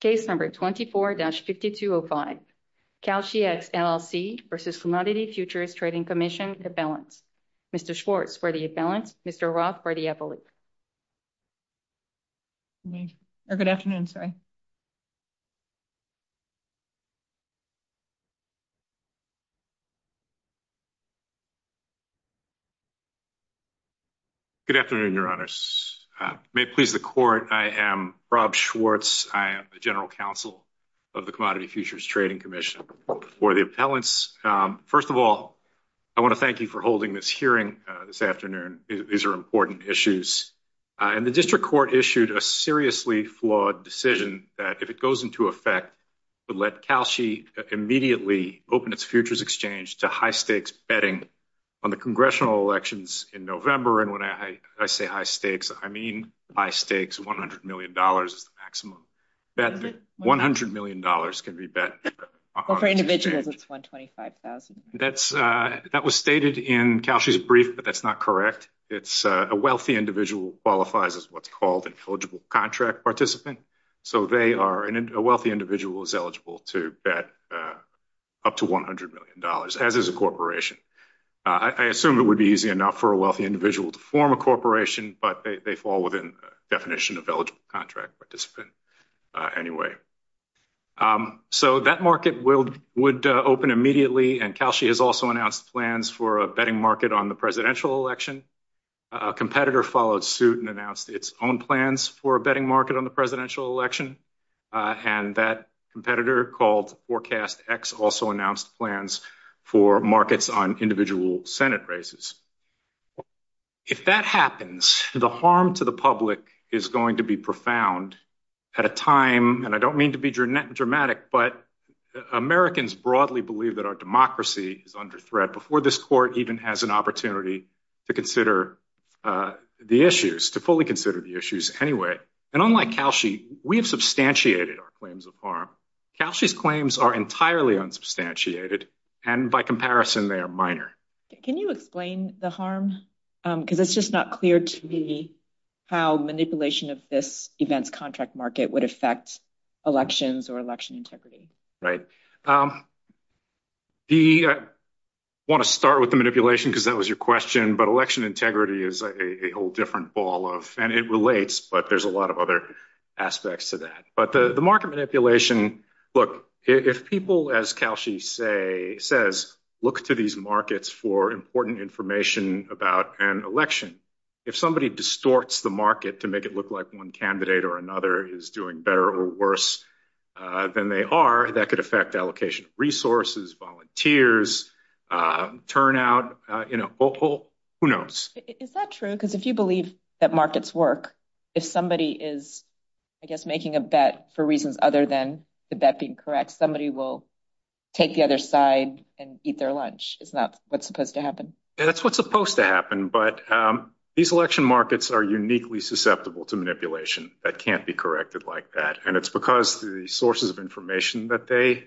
Case number 24-5205, KashiEX LLC v. Commodities Futures Trading Commission, DeBalance. Mr. Schwartz for DeBalance, Mr. Roth for the FOX. Good afternoon, your honors. May it please the court, I am Rob Schwartz. I am the general counsel of the Commodities Futures Trading Commission for DeBalance. First of all, I want to thank you for holding this hearing this afternoon. These are important issues. And the district court issued a seriously flawed decision that if it goes into effect, would let Kashi immediately open its futures exchange to high stakes betting on the congressional elections in November. And when I say high stakes, I mean high stakes, $100 million maximum. That $100 million can be bet on the exchange. That was stated in Kashi's brief, but that's not correct. It's a wealthy individual qualifies as what's called an eligible contract participant. So they are, a wealthy individual is eligible to bet up to $100 million, as is a corporation. I assume it would be easy enough for a wealthy individual to form a corporation, but they fall within the definition of eligible contract participant anyway. So that market would open immediately. And Kashi has also announced plans for a betting market on the presidential election. A competitor followed suit and announced its own plans for a betting market on the presidential election. And that competitor called ForecastX also announced plans for markets on individual Senate races. If that happens, the harm to the public is going to be profound at a time, and I don't mean to be dramatic, but Americans broadly believe that our democracy is under threat before this court even has an opportunity to consider the issues, to fully consider the issues anyway. And unlike Kashi, we've substantiated our claims of harm. Kashi's claims are entirely unsubstantiated, and by comparison, they are minor. Can you explain the harm? Because it's just not clear to me how manipulation of this event contract market would affect elections or election integrity. Right. I want to start with the manipulation because that was your question, but election integrity is a whole different ball of, and it relates, but there's a lot of other aspects to that. But the market manipulation, look, if people, as Kashi says, look to these markets for important information about an election, if somebody distorts the market to make it look like one candidate or another is doing better or worse than they are, that could affect allocation resources, volunteers, turnout, who knows? Is that true? Because if you believe that if somebody is, I guess, making a bet for reasons other than the bet being correct, somebody will take the other side and eat their lunch. It's not what's supposed to happen. Yeah, that's what's supposed to happen. But these election markets are uniquely susceptible to manipulation that can't be corrected like that. And it's because the sources of information that they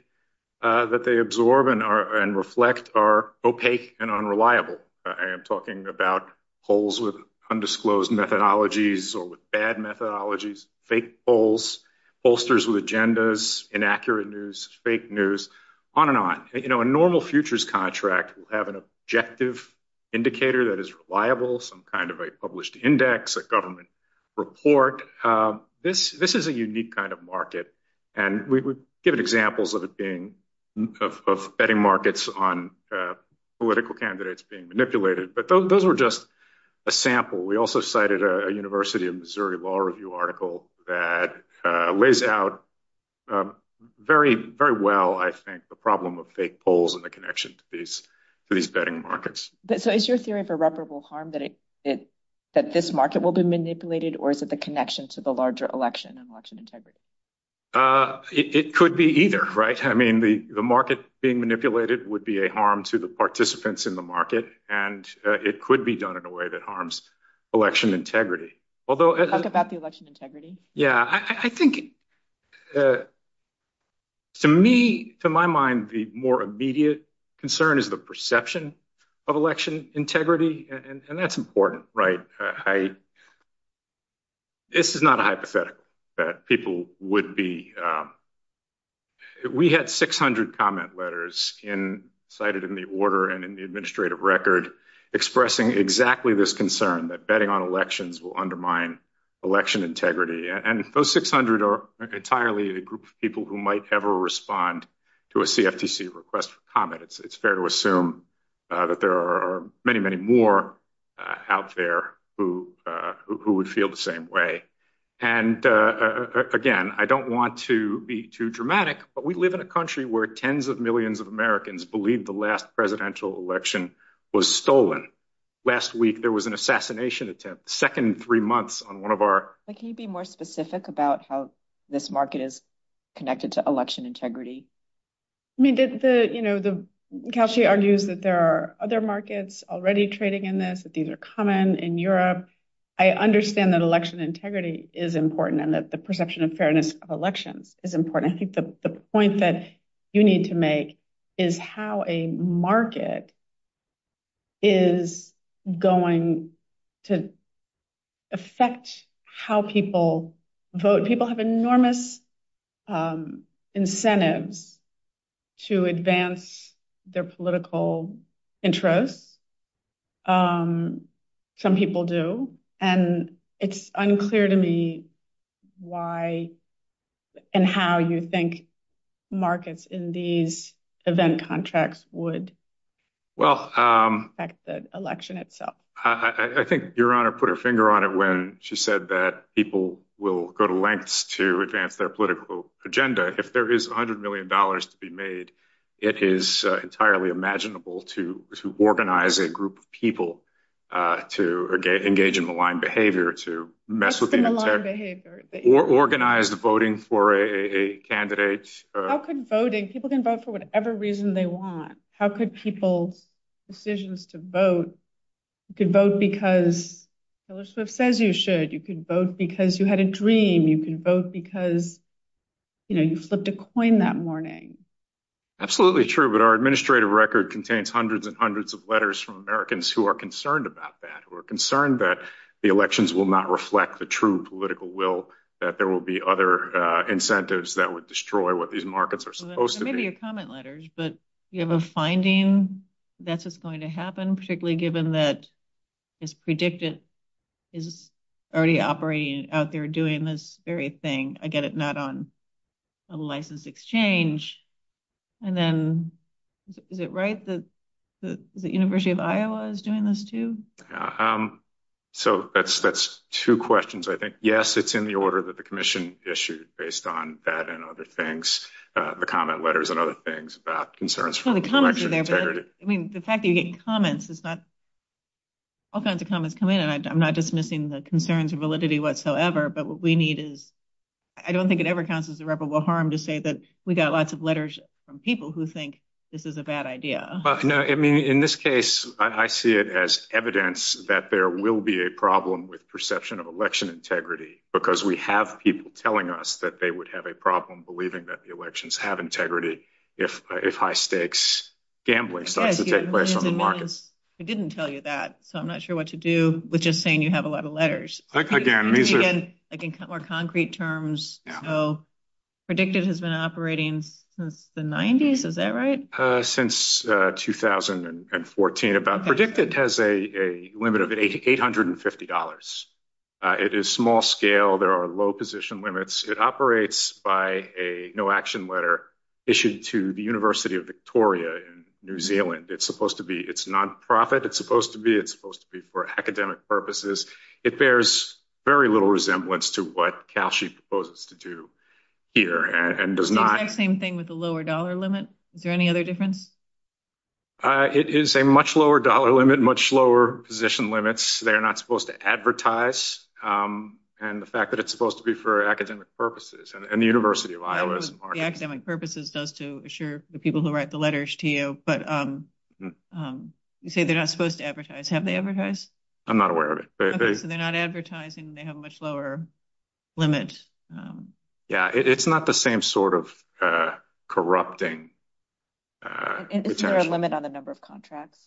absorb and reflect are opaque and unreliable. I am talking about polls with undisclosed methodologies or with bad methodologies, fake polls, bolsters with agendas, inaccurate news, fake news, on and on. A normal futures contract will have an objective indicator that is reliable, some kind of a published index, a government report. This is a unique kind of market. And we would give examples of betting markets on political candidates being manipulated, but those were just a sample. We also cited a University of Missouri Law Review article that lays out very well, I think, the problem of fake polls and the connection to these betting markets. So is your theory of irreparable harm that this market will be manipulated, or is it the connection to the larger election and election integrity? It could be either, right? I mean, the market being manipulated would be a harm to the participants in the market, and it could be done in a way that harms election integrity. Talk about the election integrity. Yeah, I think, to me, to my mind, the more immediate concern is the perception of election integrity, and that's important, right? This is not a hypothetical that people would be... We have 600 comment letters cited in the order and in the administrative record expressing exactly this concern, that betting on elections will undermine election integrity. And those 600 are entirely a group of people who might ever respond to a CFTC request for comment. It's fair to assume that there are many, many more out there who would feel the same way. And again, I don't want to be too dramatic, but we live in a country where tens of millions of Americans believe the last presidential election was stolen. Last week, there was an assassination attempt, the second three months on one of our... But can you be more specific about how this market is connected to election integrity? I mean, you know, Kelsey argues that there are other markets already trading in this, these are common in Europe. I understand that election integrity is important and that the perception of fairness of election is important. I think the point that you need to make is how a market is going to affect how people vote. People have enormous incentives to advance their political interest. Some people do. And it's unclear to me why and how you think markets in these event contracts would affect the election itself. Well, I think Your Honor put her finger on it when she said that people will go to lengths to advance their political agenda. If there is a hundred million dollars to be made, it is entirely imaginable to organize a group of people to engage in maligned behavior, to mess with... Organize the voting for a candidate. How could voting, people can vote for whatever reason they want. How could people, decisions to vote, you could vote because, you know, it says you should, you could vote because you had a dream, you can vote because, you know, you flipped a coin that morning. Absolutely true. But our administrative record contains hundreds and hundreds of letters from Americans who are concerned about that, who are concerned that the elections will not reflect the true political will, that there will be other incentives that would destroy what these markets are supposed to be. Maybe a comment letter, but you have a finding that this is going to happen, particularly given that it's predicted is already operating out there doing this very thing. I get it not on a licensed exchange. And then is it right that the University of Iowa is doing this too? So that's two questions, I think. Yes, it's in the order that the commission issued based on that and other things, the comment letters and other things about concerns. I mean, the fact that you get comments, it's not, all kinds of comments come in and I'm not dismissing the concerns or validity whatsoever, but what we need is, I don't think it ever counts as irreparable harm to say that we got lots of letters from people who think this is a bad idea. No, I mean, in this case, I see it as evidence that there will be a problem with perception of election integrity, because we have people telling us that they would have a problem believing that the elections have integrity if high stakes gambling starts to take place on the market. I didn't tell you that, so I'm not sure what to do with just saying you have a lot of letters. Like in more concrete terms, so Predictive has been operating since the 90s, is that right? Since 2014. Predictive has a limit of $850. It is small scale, there are low position limits. It operates by a no action letter issued to the University of Victoria in New Zealand. It's supposed to be, it's non-profit, it's supposed to be, it's supposed to be for academic purposes. It bears very little resemblance to what CalSheet proposes to do here and does not- Same thing with the lower dollar limit. Is there any other difference? It is a much lower dollar limit, much lower position limits. They're not supposed to advertise, and the fact that it's supposed to be for academic purposes, and the University of Iowa is- The academic purpose is just to assure the people who write the letters to you, but you say they're not supposed to advertise. Have they advertised? I'm not aware of it. Okay, so they're not advertising, they have a much lower limit. Yeah, it's not the same sort of corrupting- Isn't there a limit on the number of contracts?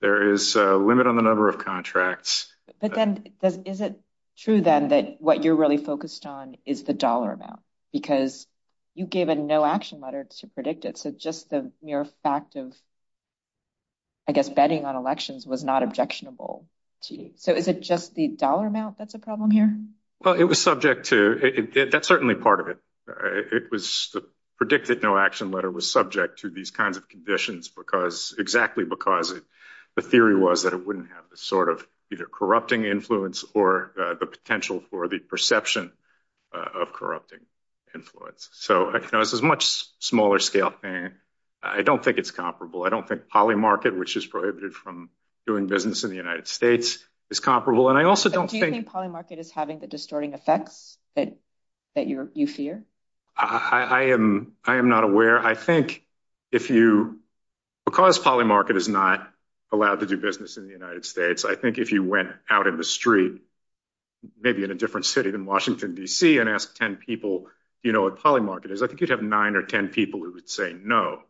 There is a limit on the number of contracts. Is it true then that what you're really focused on is the dollar amount? Because you gave a no action letter to predict it, so just the mere fact of, I guess, betting on elections was not objectionable to you. So is it just the dollar amount that's a problem here? Well, it was subject to, that's certainly part of it. It was, the predicted no action letter was subject to these kinds of conditions because, exactly because the theory was that it wouldn't have the sort of either corrupting influence or the potential for the perception of corrupting influence. So it's a much smaller scale thing. I don't think it's comparable. I don't think polymarket, which is prohibited from doing business in the United States, is comparable. And I also don't think- So do you think polymarket is having the distorting effects that you fear? I am not aware. I think if you, because polymarket is not allowed to do business in the United States, I think if you went out in the street, maybe in a different city than Washington, DC, and asked 10 people, do you know what polymarket is? I think you'd have nine or 10 people who would say no.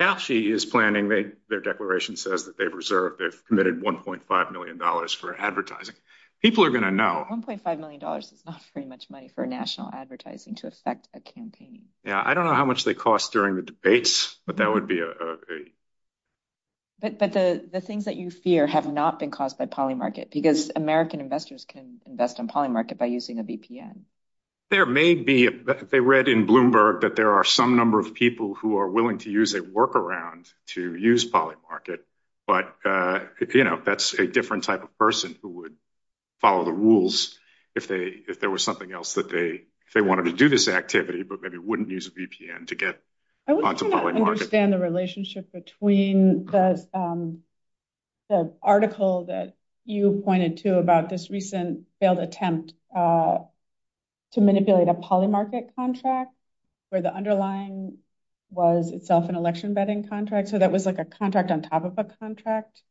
Actually, his planning, their declaration says that they've reserved, they've committed $1.5 million for advertising. People are going to know. $1.5 million is not very much money for national advertising to affect a campaign. Yeah. I don't know how much they cost during the debates, but that would be a- But the things that you fear have not been caused by polymarket, because American investors can invest in polymarket by using a VPN. There may be, they read in Bloomberg that there are some number of people who are willing to use a workaround to use polymarket, but that's a different type of person who would follow the rules if there was something else that they wanted to do this activity, but maybe wouldn't use a VPN to get onto polymarket. I would like to understand the relationship between the article that you pointed to about this recent failed attempt to manipulate a polymarket contract, where the underlying was itself an election vetting contract, so that was like a contract on top of a contract,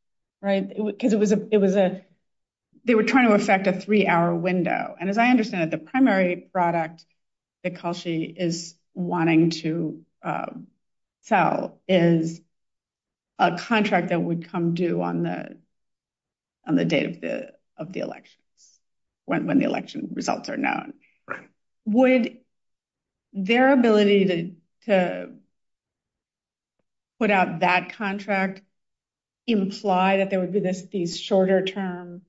right? Because they were trying to manipulate a polymarket contract, but it was a three-hour window, and as I understand it, the primary product that Kalshi is wanting to sell is a contract that would come due on the date of the election, when the election results are known. Would their ability to put out that contract imply that they would do this, these shorter-term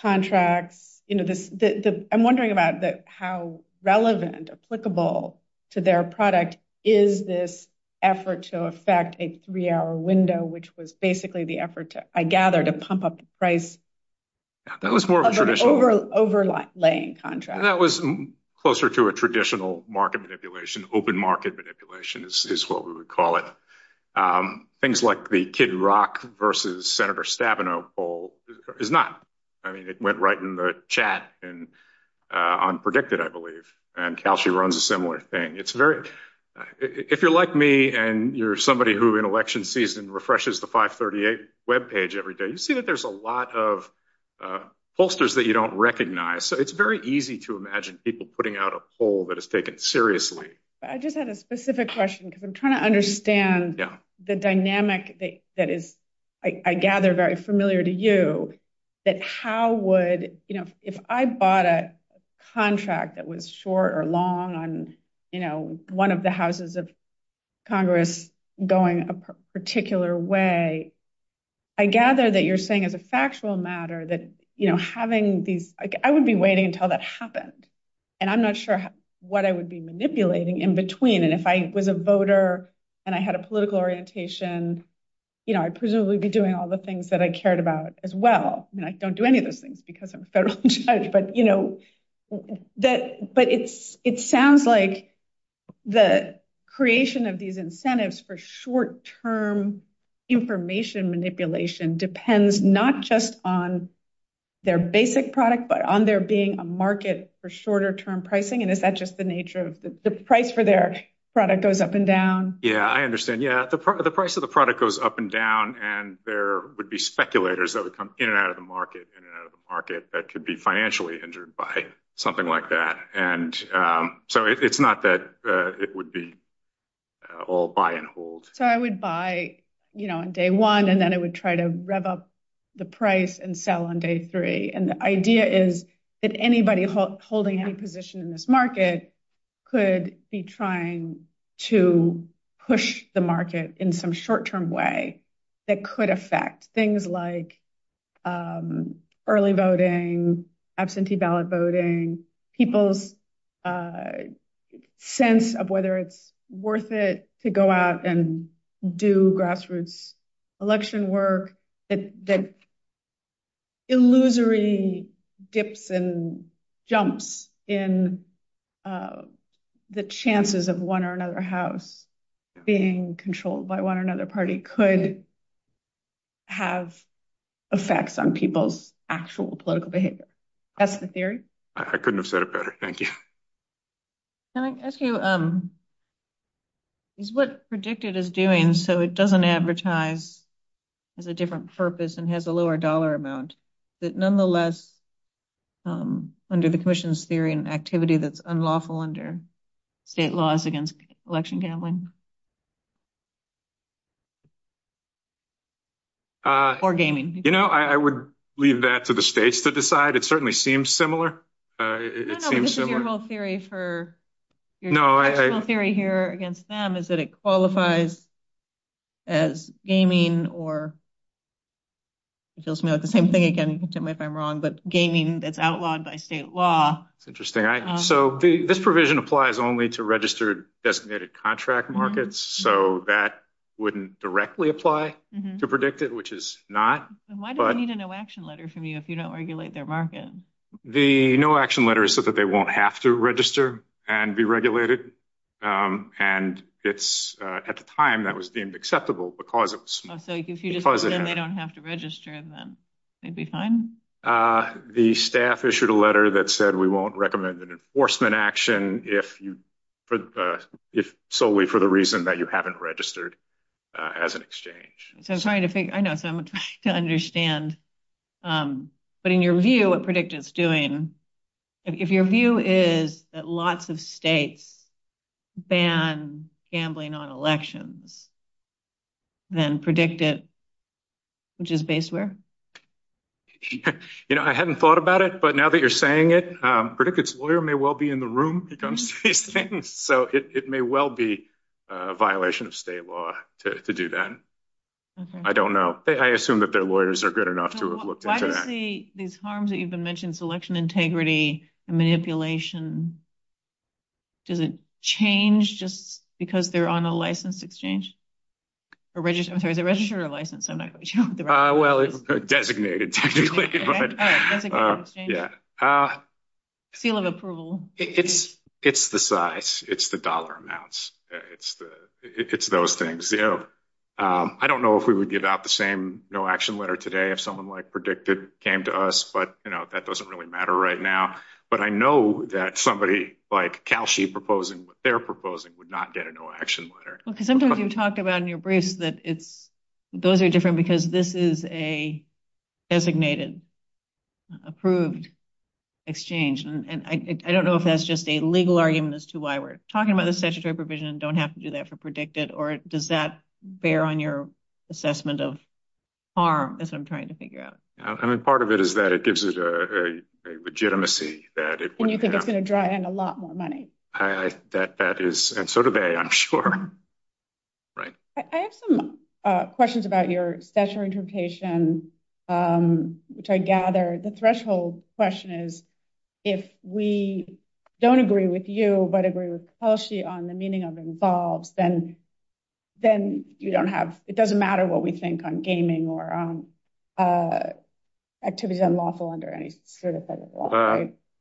contracts? I'm wondering about how relevant, applicable to their product is this effort to affect a three-hour window, which was basically the effort, I gather, to pump up the price of an overlaying contract. That was closer to a traditional market manipulation, open market manipulation, is what we would call it. Things like the Kid Rock versus Senator Stabenow poll is not. I mean, it went right in the chat in Unpredicted, I believe, and Kalshi runs a similar thing. If you're like me, and you're somebody who, in election season, refreshes the 538 webpage every day, you see that there's a lot of posters that you don't recognize, so it's very easy to imagine people putting out a poll that is taken seriously. I just had a specific question, because I'm trying to understand the dynamic that is, I gather, very familiar to you, that how would... If I bought a contract that was short or long on one of the houses of Congress going a particular way, I gather that you're saying as a factual matter that having these... I would be waiting until that happened, and I'm not sure what I would be manipulating in between. If I was a voter and I had a political orientation, I'd presumably be doing all the things that I cared about as well. I don't do any of those things because I'm a federal judge, but it sounds like the creation of these incentives for short-term information manipulation depends not just on their basic product, but on there being a market for shorter term pricing, and is that just the nature of... The price for their product goes up and down? Yeah, I understand. Yeah, the price of the product goes up and down, and there would be speculators that would come in and out of the market, in and out of the market, that could be financially injured by something like that. And so it's not that it would be all buy and hold. So I would buy on day one, and then I would try to rev up the price and sell on day three. And the idea is that anybody holding any position in this market could be trying to push the market in some short-term way that could affect things like early voting, absentee ballot voting, people's sense of whether it's worth it to go out and do grassroots election work, that illusory dips and jumps in the chances of one or another house being controlled by one or another party could have effects on people's actual political behavior. That's the theory. I couldn't have said it better. Thank you. Can I ask you, is what PREDICTED is doing, so it doesn't advertise as a different purpose and has a lower dollar amount, is it nonetheless under the Commission's theory an activity that's unlawful under state laws against election gambling or gaming? You know, I would leave that to the states to decide. It certainly seems similar. No, no, this is your whole theory against them, is that it qualifies as gaming or, it feels to me like the same thing again, you can tell me if I'm wrong, but gaming that's outlawed by state law. Interesting. So this provision applies only to registered designated contract markets, so that wouldn't directly apply to PREDICTED, which is not. Why do they need a no action letter from you if you don't regulate their market? The no action letter is so that they won't have to register and be regulated. And it's at the time that was deemed acceptable because it was. So if you just said they don't have to register and then they'd be fine? The staff issued a letter that said we won't recommend an enforcement action solely for the reason that you haven't registered as an exchange. I'm trying to figure, I know, so I'm trying to understand. But in your view, what PREDICTED's doing, if your view is that lots of states ban gambling on elections, then PREDICTED, which is based where? You know, I hadn't thought about it, but now that you're saying it, PREDICTED's lawyer may well be in the room. So it may well be a violation of state law to do that. I don't know. I assume that their lawyers are good enough to have looked into that. Why do you say these harms that you've been mentioning, selection integrity, manipulation, does it change just because they're on a licensed exchange? I'm sorry, is it registered or licensed? I'm not quite sure. Well, designated. Seal of approval. It's the size. It's the dollar amounts. It's those things. I don't know if we would get out the same no-action letter today if someone like PREDICTED came to us, but that doesn't really matter right now. But I know that somebody like CALSHI proposing what they're proposing would not get a no-action letter. Sometimes you talk about in your briefs that those are different because this is a designated, approved exchange. And I don't know if that's just a legal argument as to why we're talking about the statutory provision and don't have to do that for PREDICTED, or does that bear on your assessment of harm? That's what I'm trying to figure out. Part of it is that it gives it a legitimacy. And you think it's going to draw in a lot more money. And so do they, I'm sure. I have some questions about your special interpretation, which I gather the threshold question is, if we don't agree with you, but agree with CALSHI on the meaning of INVOLVED, then you don't have, it doesn't matter what we think on gaming or activities unlawful under any certified law.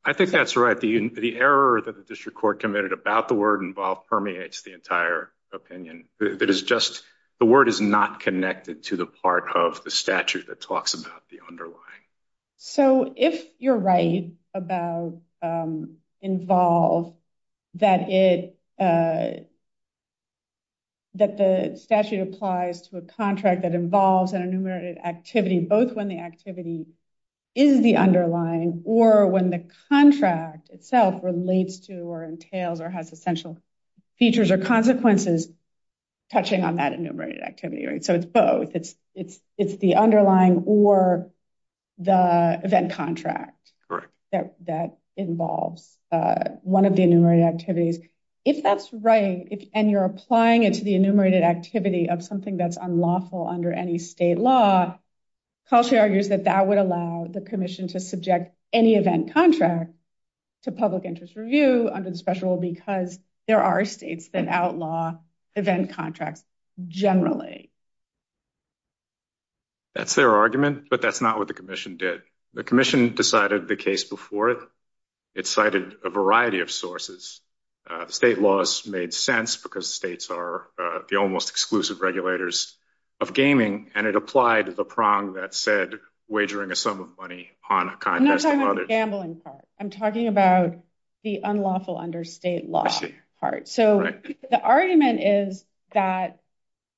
I think that's right. The error that the district court committed about the word INVOLVED permeates the entire opinion. It is just, the word is not connected to the part of the statute that talks about the underlying. So if you're right about INVOLVED, that it, that the statute applies to a contract that involves an enumerated activity, both when the activity is the underlying or when the contract itself relates to, or entails, or has essential features or consequences touching on that enumerated activity. So it's both, it's the underlying or the event contract that involves one of the enumerated activities. If that's right, and you're applying it to the enumerated activity of something that's unlawful under any state law, CALSHI argues that that would allow the permission to subject any event contract to public interest review under the special rule because there are states that law event contracts generally. That's their argument, but that's not what the commission did. The commission decided the case before it. It cited a variety of sources. State laws made sense because states are the almost exclusive regulators of gaming, and it applied the prong that said wagering a sum of money on a contract. I'm not talking about the gambling part. I'm arguing that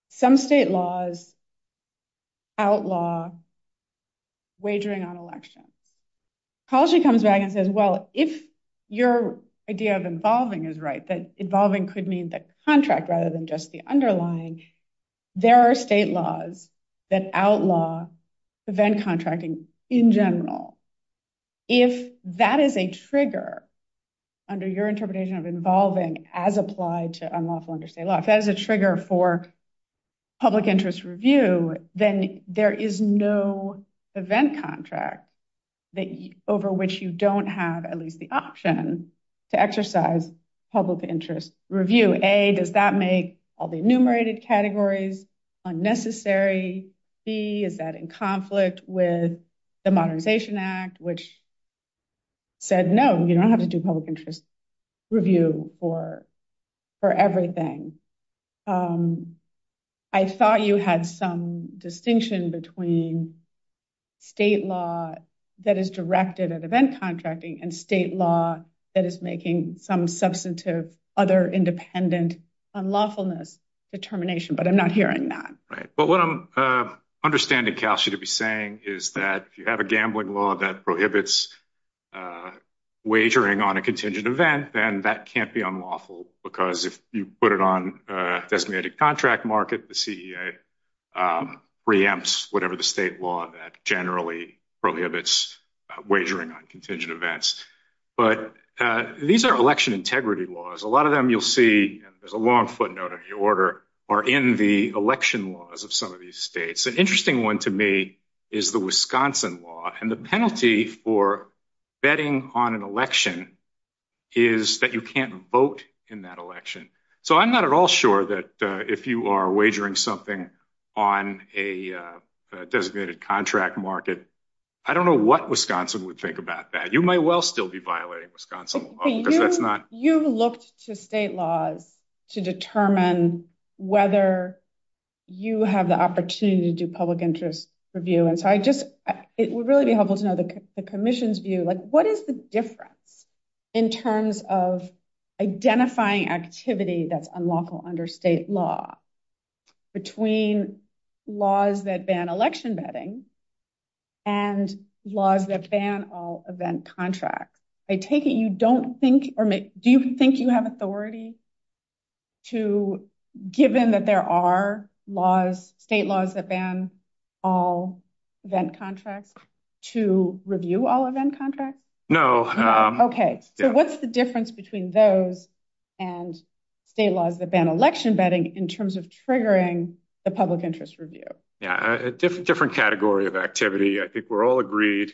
some state laws outlaw wagering on elections. CALSHI comes back and says, well, if your idea of involving is right, that involving could mean the contract rather than just the underlying, there are state laws that outlaw event contracting in general. If that is a trigger under your interpretation of involving as applied to unlawful under state law, if that is a trigger for public interest review, then there is no event contract over which you don't have at least the option to exercise public interest review. A, does that make all the enumerated categories unnecessary? B, is that in conflict with the Modernization Act, which said, no, you don't have to do public interest review for everything? I thought you had some distinction between state law that is directed at event contracting and state law that is making some substantive other independent unlawfulness determination, but I'm not hearing that. Right. But what I'm understanding, Calshi, to be saying is that if you have a gambling law that prohibits wagering on a contingent event, then that can't be unlawful because if you put it on designated contract market, the CEA preempts whatever the state law that generally prohibits wagering on contingent events. But these are election integrity laws. A lot of them you'll see, there's a long footnote in the order, are in the election laws of some of these states. An interesting one to me is the Wisconsin law, and the penalty for betting on an election is that you can't vote in that election. So I'm not at all sure that if you are wagering something on a designated contract market, I don't know what Wisconsin would take about that. You might well still be violating Wisconsin law, but that's not- You've looked to state laws to determine whether you have the opportunity to do public interest review. It would really be helpful to know the commission's view. What is the difference in terms of identifying activity that's unlawful under state law between laws that ban election betting and laws that ban all event contracts? I take it you don't think, or do you think you have authority to, given that there are state laws that ban all event contracts, to review all event contracts? No. Okay. So what's the difference between those and state laws that ban election betting in terms of triggering the public interest review? Yeah. A different category of activity. I think we're all agreed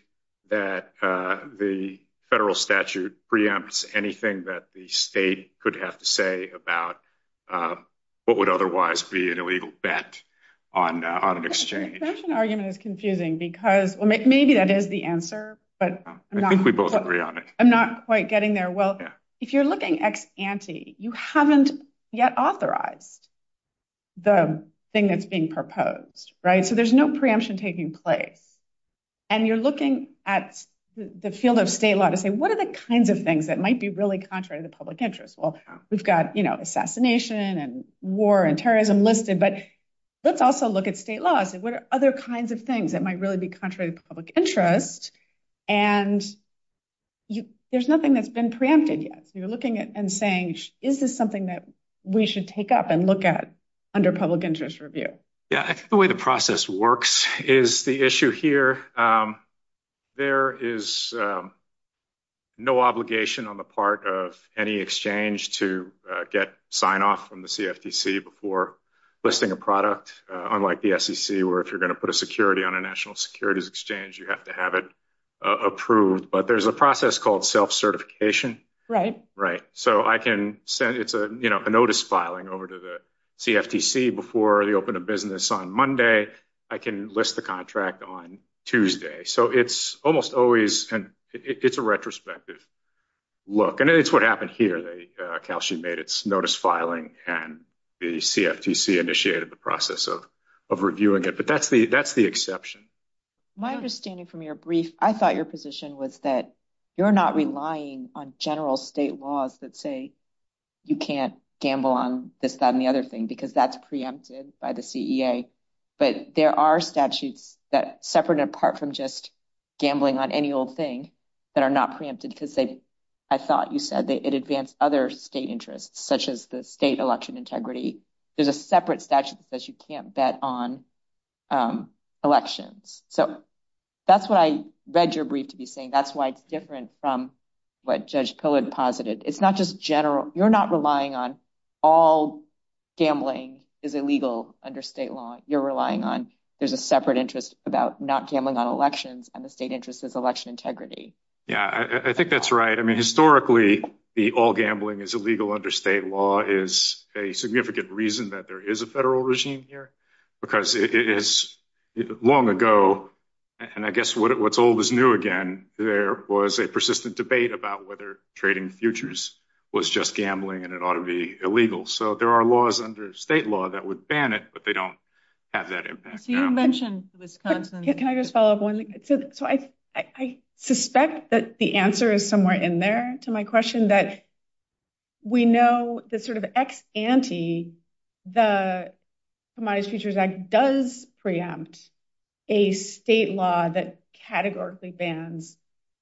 that the federal statute preempts anything that the state could have to say about what would otherwise be an illegal bet on an exchange. That's an argument that's confusing because- Well, maybe that is the answer, but- I think we both agree on it. I'm not quite getting there. Well, if you're looking ex ante, you haven't yet authorized the thing that's being proposed, right? So there's no preemption taking place. And you're looking at the field of state law to say, what are the kinds of things that might be really contrary to the public interest? Well, we've got assassination and war and terrorism listed, but let's also look at state laws and what are other kinds of things that might really be contrary to public interest? And there's nothing that's been preempted yet. You're looking at and saying, is this something that we should take up and look at under public interest review? Yeah. I think the way the process works is the issue here. There is no obligation on the part of any exchange to get sign off from the CFTC before listing a product, unlike the SEC, where if you're going to put a security on a national securities exchange, you have to have it approved. But there's a process called self-certification. Right. So I can send a notice filing over to the CFTC before they open a business on Monday, I can list the contract on Tuesday. So it's almost always, it's a retrospective look. And it's what happened here. The Cal sheet made its notice filing and the CFTC initiated the process of reviewing it. But that's the exception. My understanding from your brief, I thought your position was that you're not relying on general state laws that say you can't gamble on this, that, and the other thing, because that's preempted by the CEA. But there are statutes that separate and apart from just gambling on any old thing that are not preempted because I thought you said that it advanced other state interests, such as the state election integrity. There's a separate statute that says you can't bet on elections. So that's why I read your brief to be saying that's why it's different from what Judge Cohen posited. It's not just general, you're not relying on all gambling is illegal under state law. You're relying on there's a separate interest about not gambling on elections and the state interest is election integrity. Yeah, I think that's right. I mean, historically, the all gambling is illegal under state law is a significant reason that there is a federal regime here, because it is long ago. And I guess what's old is new again. There was a persistent debate about whether trading futures was just gambling and it ought to be illegal. So there are laws under state law that would ban it, but they don't have that impact. You mentioned Wisconsin. Can I just follow up one? So I suspect that the answer is somewhere in there to my question, that we know the sort of ex-ante, the Fremont Futures Act does preempt a state law that categorically bans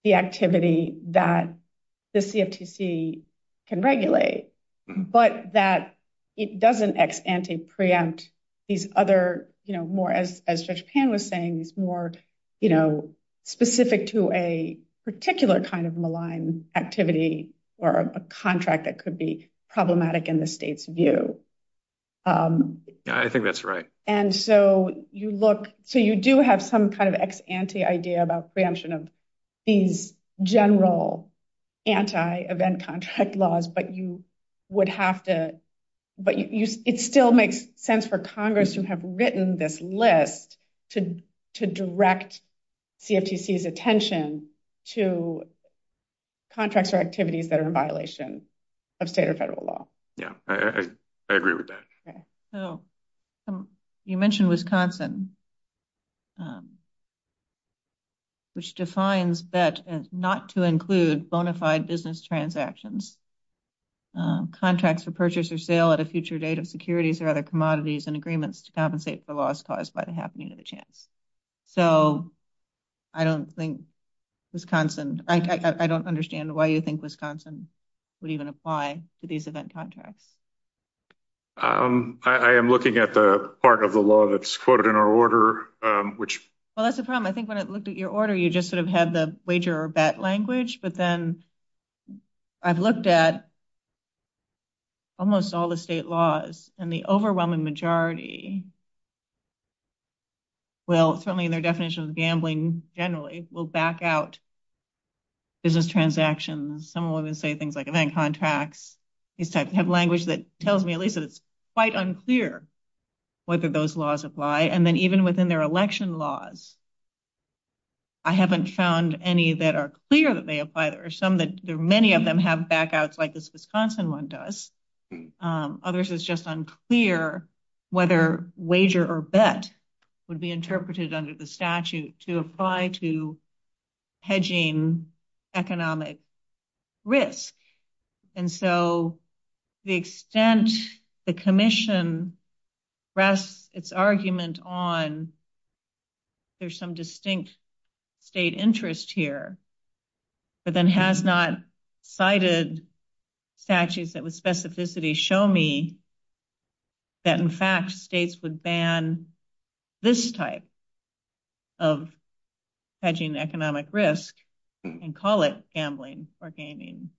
the activity that the CFTC can regulate, but that it doesn't ex-ante preempt these other, more as Judge Pan was saying, more specific to a particular kind of malign activity or a contract that could be problematic in the state's view. I think that's right. And so you do have some kind of ex-ante idea about preemption of these general anti-event contract laws, but it still makes sense for Congress to have written this list to direct CFTC's attention to contracts or activities that are in violation of state or federal law. Yeah, I agree with that. You mentioned Wisconsin, which defines that as not to include bona fide business transactions, contracts for purchase or sale at a future date of securities or other commodities and agreements to compensate for loss caused by the happening of the chance. So I don't think Wisconsin, I don't understand why you think Wisconsin would even apply to these event contracts. I am looking at the part of the law that's quoted in our order, which- Well, that's a problem. I think when I looked at your order, you just sort of had the wager or that language, but then I've looked at almost all the state laws and the overwhelming majority will, certainly in their definition of gambling generally, will back out business transactions. Some of them say things like event contracts, these types of language that tells me at least that it's quite unclear whether those laws apply. And then even within their election laws, I haven't found any that are clear that they apply or some that many of them have back outs like this Wisconsin one does. Others, it's just unclear whether wager or bet would be interpreted under the statute to apply to hedging economic risk. And so the extent the commission rests its argument on there's some distinct state interest here, but then has not cited statutes that with specificity show me that in fact, states would ban this type of hedging economic risk and call it gambling or gaming.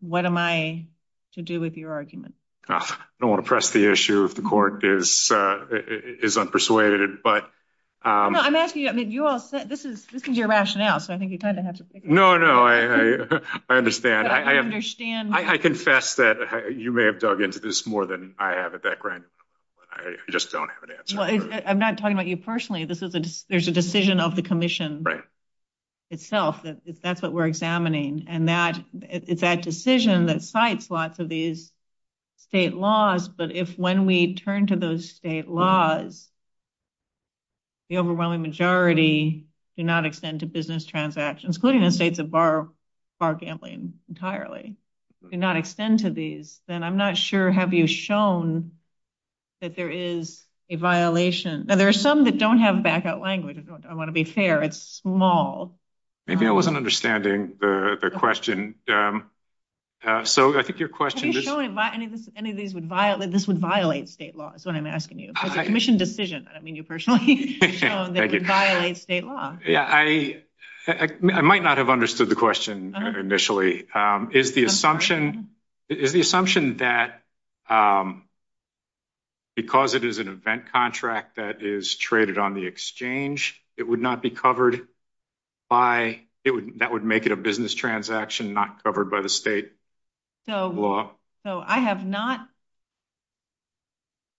What am I to do with your argument? I don't want to press the issue of the court is is unpersuaded, but I'm asking you, I mean, you all said this is, this is your rationale. So I think you kind of have to pick it. No, no, I understand. I understand. I confess that you may have dug into this more than I have at that grant. I just don't have an answer. I'm not talking about you personally. This is a, there's a decision of the commission itself. That's what we're examining. And that it's that decision that sites lots of these state laws. But if, when we turn to those state laws, the overwhelming majority do not extend to business transactions, including the state, the bar bar gambling entirely do not extend to these, then I'm not sure. Have you shown that there is a violation and there are some that don't have back out language. I want to be fair. It's small. I wasn't understanding the question. And so I think your question would violate, this would violate state law. That's what I'm asking you commission decision. I don't mean you personally violate state law. Yeah. I, I might not have understood the question initially is the assumption is the assumption that because it is an event contract that is traded on the exchange, it would not be covered by it. That would make it a business transaction, not covered by the state law. So I have not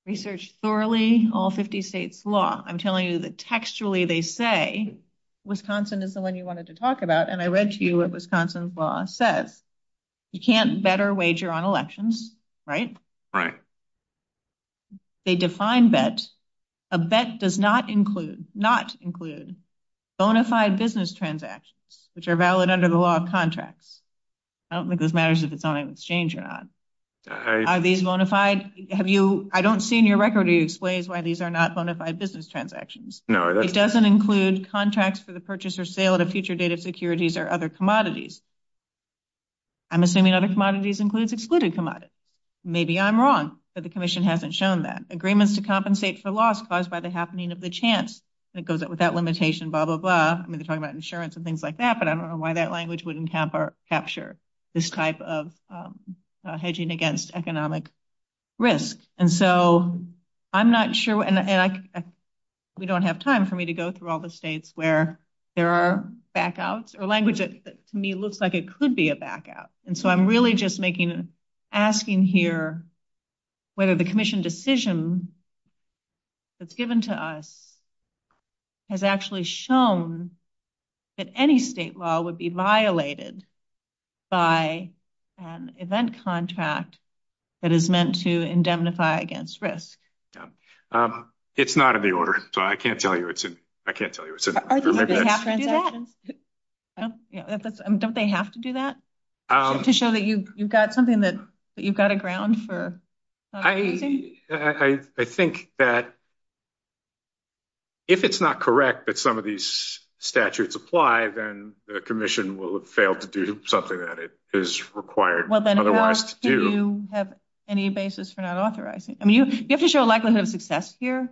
researched thoroughly all 50 states law. I'm telling you that textually they say Wisconsin is the one you wanted to talk about. And I read to you at Wisconsin's law says you can't better wager on elections, right? Right. They define bets. A bet does not include, not include bona fide business transactions, which are valid under the law of contracts. I don't think this matters if it's on an exchange or not. Are these bona fide? Have you, I don't see in your record, do you explain why these are not bona fide business transactions? No, it doesn't include contracts for the purchase or sale of future data securities or other commodities. I'm assuming other commodities includes excluded commodities. Maybe I'm wrong, but the commission hasn't shown that agreements to compensate for loss caused by happening of the chance that goes up with that limitation, blah, blah, blah. I'm going to talk about insurance and things like that, but I don't know why that language wouldn't capture this type of hedging against economic risk. And so I'm not sure, and we don't have time for me to go through all the states where there are backouts or languages that to me looks like it could be a back out. And so I'm really just making, asking here whether the commission decision that's given to us has actually shown that any state law would be violated by an event contract that is meant to indemnify against risk. It's not in the order, so I can't tell you it's, I can't tell you. Don't they have to do that? To show that you've got something that you've got a ground for? I think that if it's not correct that some of these statutes apply, then the commission will fail to do something that it is required otherwise to do. Well, then how else do you have any basis for not authorizing? I mean, you have to show a likelihood of success here,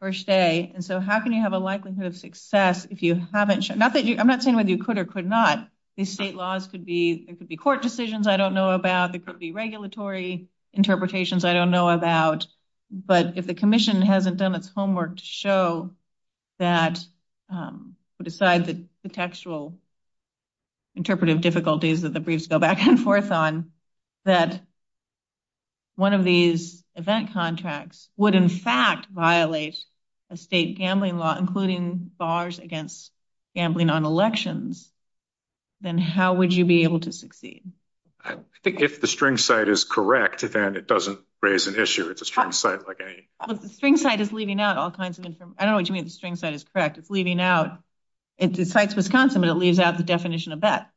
per se. And so how can you have a likelihood of success if you haven't I'm not saying whether you could or could not. These state laws could be, it could be court decisions I don't know about, it could be regulatory interpretations I don't know about. But if the commission hasn't done its homework to show that, besides the textual interpretive difficulties that the briefs go back and forth on, that one of these event contracts would in fact violate a state gambling law, including bars against gambling on elections, then how would you be able to succeed? I think if the string site is correct, then it doesn't raise an issue. It's a string site like any... The string site is leaving out all kinds of information. I don't know what you mean the string site is correct. It's leaving out, it cites Wisconsin but it leaves out the definition of that.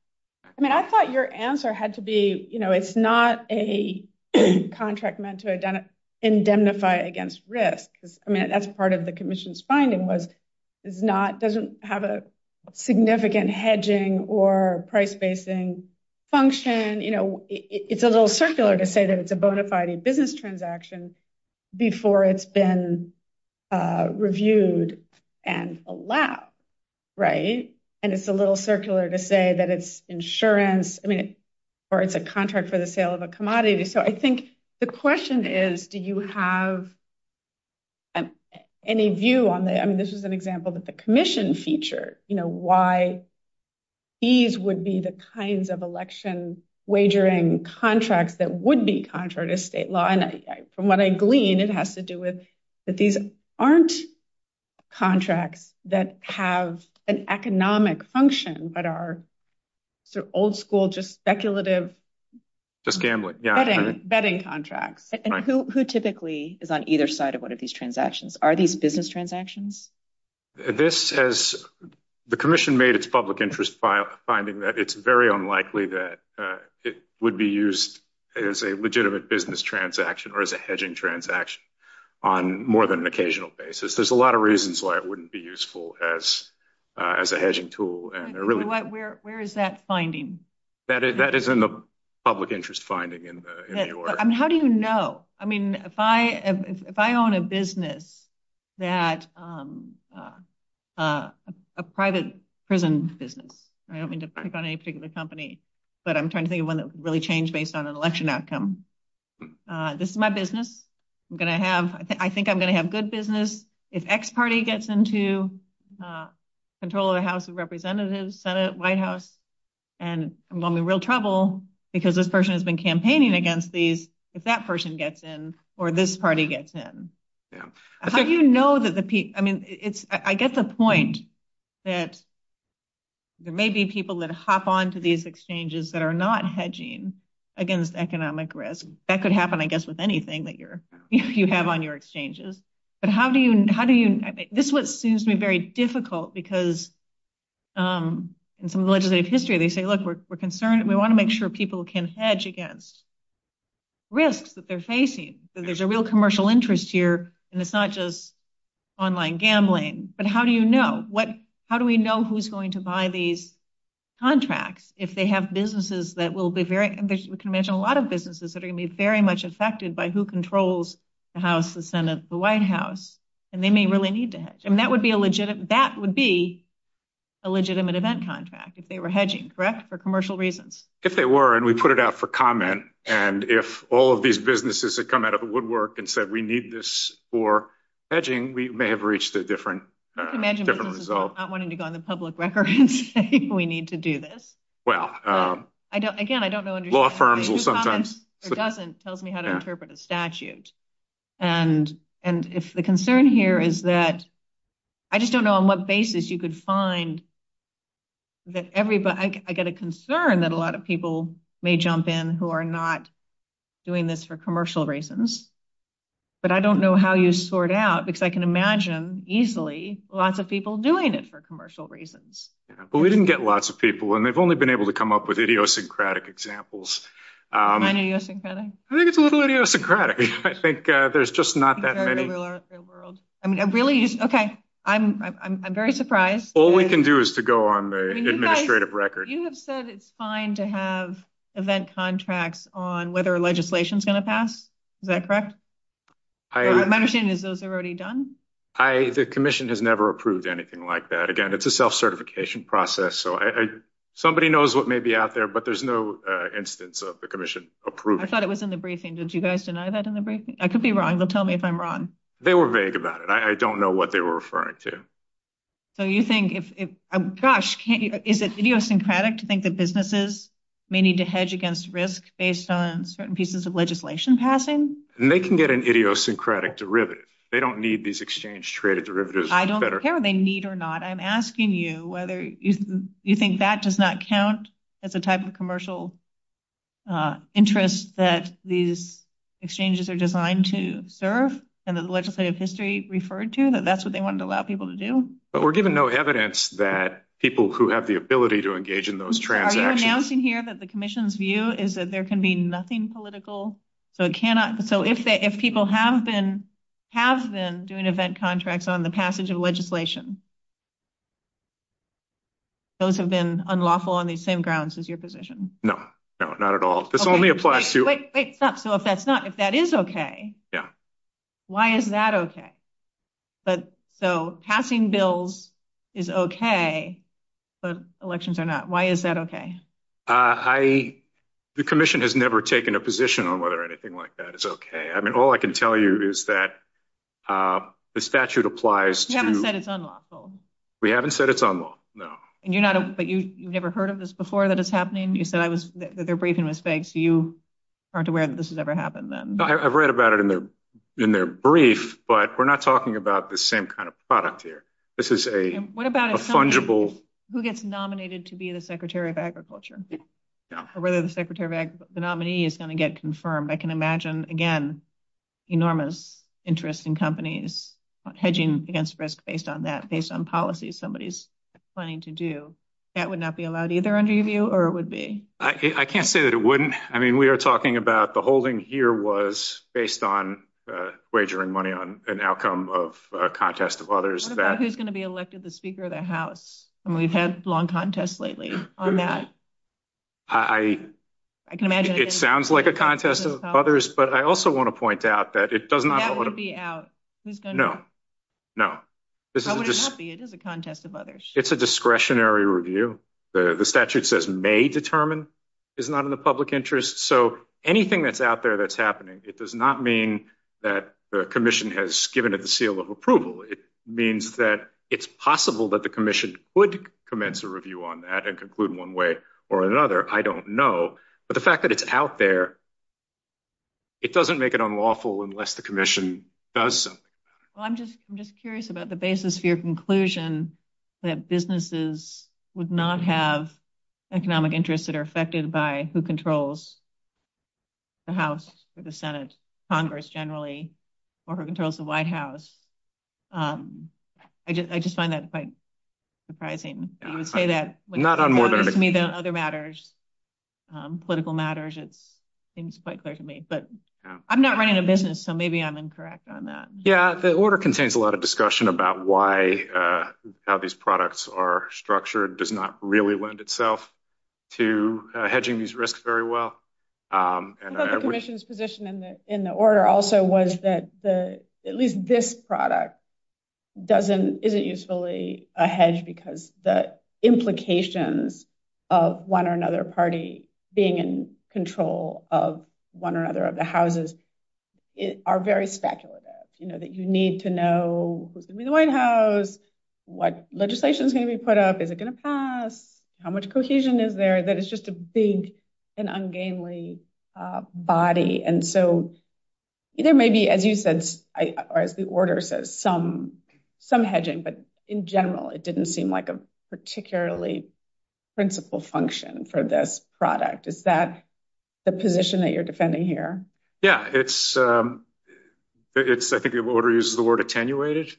I mean, I thought your answer had to be, you know, it's not a contract meant to have a significant hedging or price spacing function. It's a little circular to say that it's a bona fide business transaction before it's been reviewed and allowed, right? And it's a little circular to say that it's insurance, I mean, or it's a contract for the sale of a commodity. So I question is, do you have any view on that? I mean, this is an example of the commission feature, you know, why these would be the kinds of election wagering contracts that would be contrary to state law. And from what I glean, it has to do with that these aren't contracts that have an economic function, but are sort of old school, just speculative... Just gambling, yeah. Betting contracts. And who typically is on either side of one of these transactions? Are these business transactions? The commission made its public interest by finding that it's very unlikely that it would be used as a legitimate business transaction or as a hedging transaction on more than an occasional basis. There's a lot of reasons why it wouldn't be useful as a hedging tool. Where is that finding? That is in the public interest finding in New York. How do you know? I mean, if I own a business, a private prison business, I don't mean to pick on any particular company, but I'm trying to think of one that could really change based on I think I'm going to have good business if X party gets into control of the House of Representatives, Senate, White House, and I'm going to be in real trouble because this person has been campaigning against these if that person gets in or this party gets in. How do you know that the people... I mean, I get the point that there may be people that hop onto these exchanges that are not hedging against economic risk. That could happen, I guess, with anything that you have on your exchanges. But how do you... This is what seems to be very difficult because in some legislative history, they say, look, we're concerned. We want to make sure people can hedge against risks that they're facing. So there's a real commercial interest here, and it's not just online gambling. But how do you know? How do we know who's going to buy these contracts if they have businesses that will be very... We can mention a lot of businesses that are going to be very much affected by who controls the House, the Senate, the White House, and they may really need to hedge. And that would be a legitimate event contract if they were hedging, correct? For commercial reasons. If they were, and we put it out for comment, and if all of these businesses had come out of the woodwork and said, we need this for hedging, we may have reached a different result. I can imagine businesses not wanting to go on the public record and say, we need to do this. Again, I don't know... Law firms will sometimes... It doesn't tell me how to interpret a statute. And if the concern here is that... I just don't know on what basis you could find that everybody... I get a concern that a lot of people may jump in who are not doing this for commercial reasons, but I don't know how you sort out, because I can imagine easily lots of people doing it for commercial reasons. Yeah, but we didn't get lots of people, and they've only been able to come up with idiosyncratic examples. Any idiosyncratic? I think it's a little idiosyncratic. I think there's just not that many. I mean, I really... Okay. I'm very surprised. All we can do is to go on the administrative record. You have said it's fine to have event contracts on whether a legislation is going to pass. Is that correct? My understanding is those are already done? The commission has never approved anything like that. Again, it's a self-certification process, so somebody knows what may be out there, but there's no instance of the commission approved. I thought it was in the briefing. Did you guys deny that in the briefing? I could be wrong, but tell me if I'm wrong. They were vague about it. I don't know what they were referring to. So you think if... Gosh, is it idiosyncratic to think that businesses may need to hedge against risk based on certain pieces of legislation passing? They can get an idiosyncratic derivative. They don't need these exchange-traded derivatives. I don't care if they need or not. I'm asking you whether you think that does not count as a type of commercial interest that these exchanges are designed to serve and the legislative history referred to, that that's what they wanted to allow people to do? We're giving no evidence that people who have the ability to engage in those transactions... Are you announcing here that the commission's view is that there can be nothing political? So if people have been doing event contracts on the passage of legislation, those have been unlawful on the same grounds as your position? No. No, not at all. This only applies to... Wait, stop. So if that's not... If that is okay, why is that okay? So passing bills is okay, but elections are not. Why is that okay? The commission has never taken a position on whether anything like that is okay. I mean, all I can tell you is that the statute applies to... We haven't said it's unlawful. We haven't said it's unlawful, no. But you've never heard of this before, that it's happening? You said that they're briefing mistakes. You aren't aware that this has ever happened, then? I've read about it in their brief, but we're not talking about the same kind of product here. This is a fungible... What about if somebody... Who gets nominated to be the Secretary of Agriculture? Or whether the nominee is going to get confirmed? I can imagine, again, enormous interest in companies hedging against risk based on that, based on policies somebody's planning to do. That would not be allowed either under your view, or it would be? I can't say that it wouldn't. I mean, we are talking about the holding here was based on wagering money on an outcome of a contest of others that... What about who's going to be elected the Speaker of the House? I mean, we've had long contests lately on that. I can imagine... It sounds like a contest of others, but I also want to point out that it doesn't... That would be out. Who's going to... No, no. How would it not be? It is a contest of others. It's a discretionary review. The statute says, may determine, is not in the public interest. So anything that's out there that's happening, it does not mean that the commission has given it the seal of approval. It means that it's possible that the commission would commence a review on that and conclude one way or another. I don't know. But the fact that it's out there, it doesn't make it unlawful unless the commission does something. Well, I'm just curious about the basis for your conclusion that businesses would not have economic interests that are affected by who controls the House or the Senate, Congress generally, or who controls the White House. I just find that quite surprising. I would say that- Not on more than- To me, the other matters, political matters, it seems quite clear to me. But I'm not running a business, so maybe I'm incorrect on that. Yeah, the order contains a lot of discussion about how these products are structured, does not really lend itself to hedging these risks very well. I think the commission's position in the order also was that at least this product isn't usefully a hedge because the implications of one or another party being in control of one or another of the houses are very speculative, that you need to know who's in the White House, what legislation's going to be put up, is it going to pass, how much cohesion is there, that it's just a big and ungainly body. And so there may be, as you said, or as the order says, some hedging, but in general, it didn't seem like a particularly principled function for this product. Is that the position that you're defending here? Yeah, I think the order uses the word attenuated.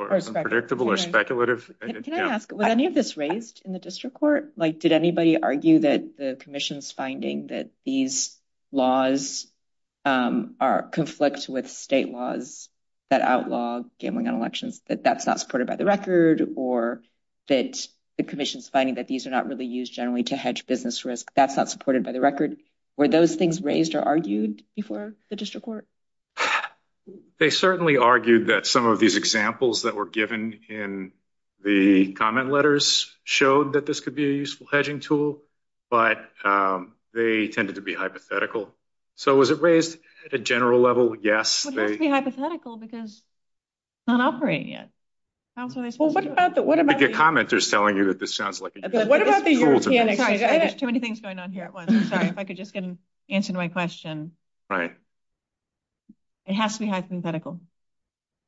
Or it's predictable or speculative. Can I ask, were any of this raised in the district court? Did anybody argue that the commission's finding that these laws conflict with state laws that outlaw gambling on elections, that that's not supported by the record, or that the commission's finding that these are not really used generally to hedge business risk, that's not supported by the record. Were those things raised or argued before the district court? They certainly argued that some of these examples that were given in the comment letters showed that this could be a useful hedging tool, but they tended to be hypothetical. So was it raised at a general level? Yes. It would have to be hypothetical because it's not operating yet. I think your commenter's telling you that this sounds like a useful tool to me. Sorry, I got too many things going on here at once. Sorry, if I could just get an answer to my question. Right. It has to be hypothetical,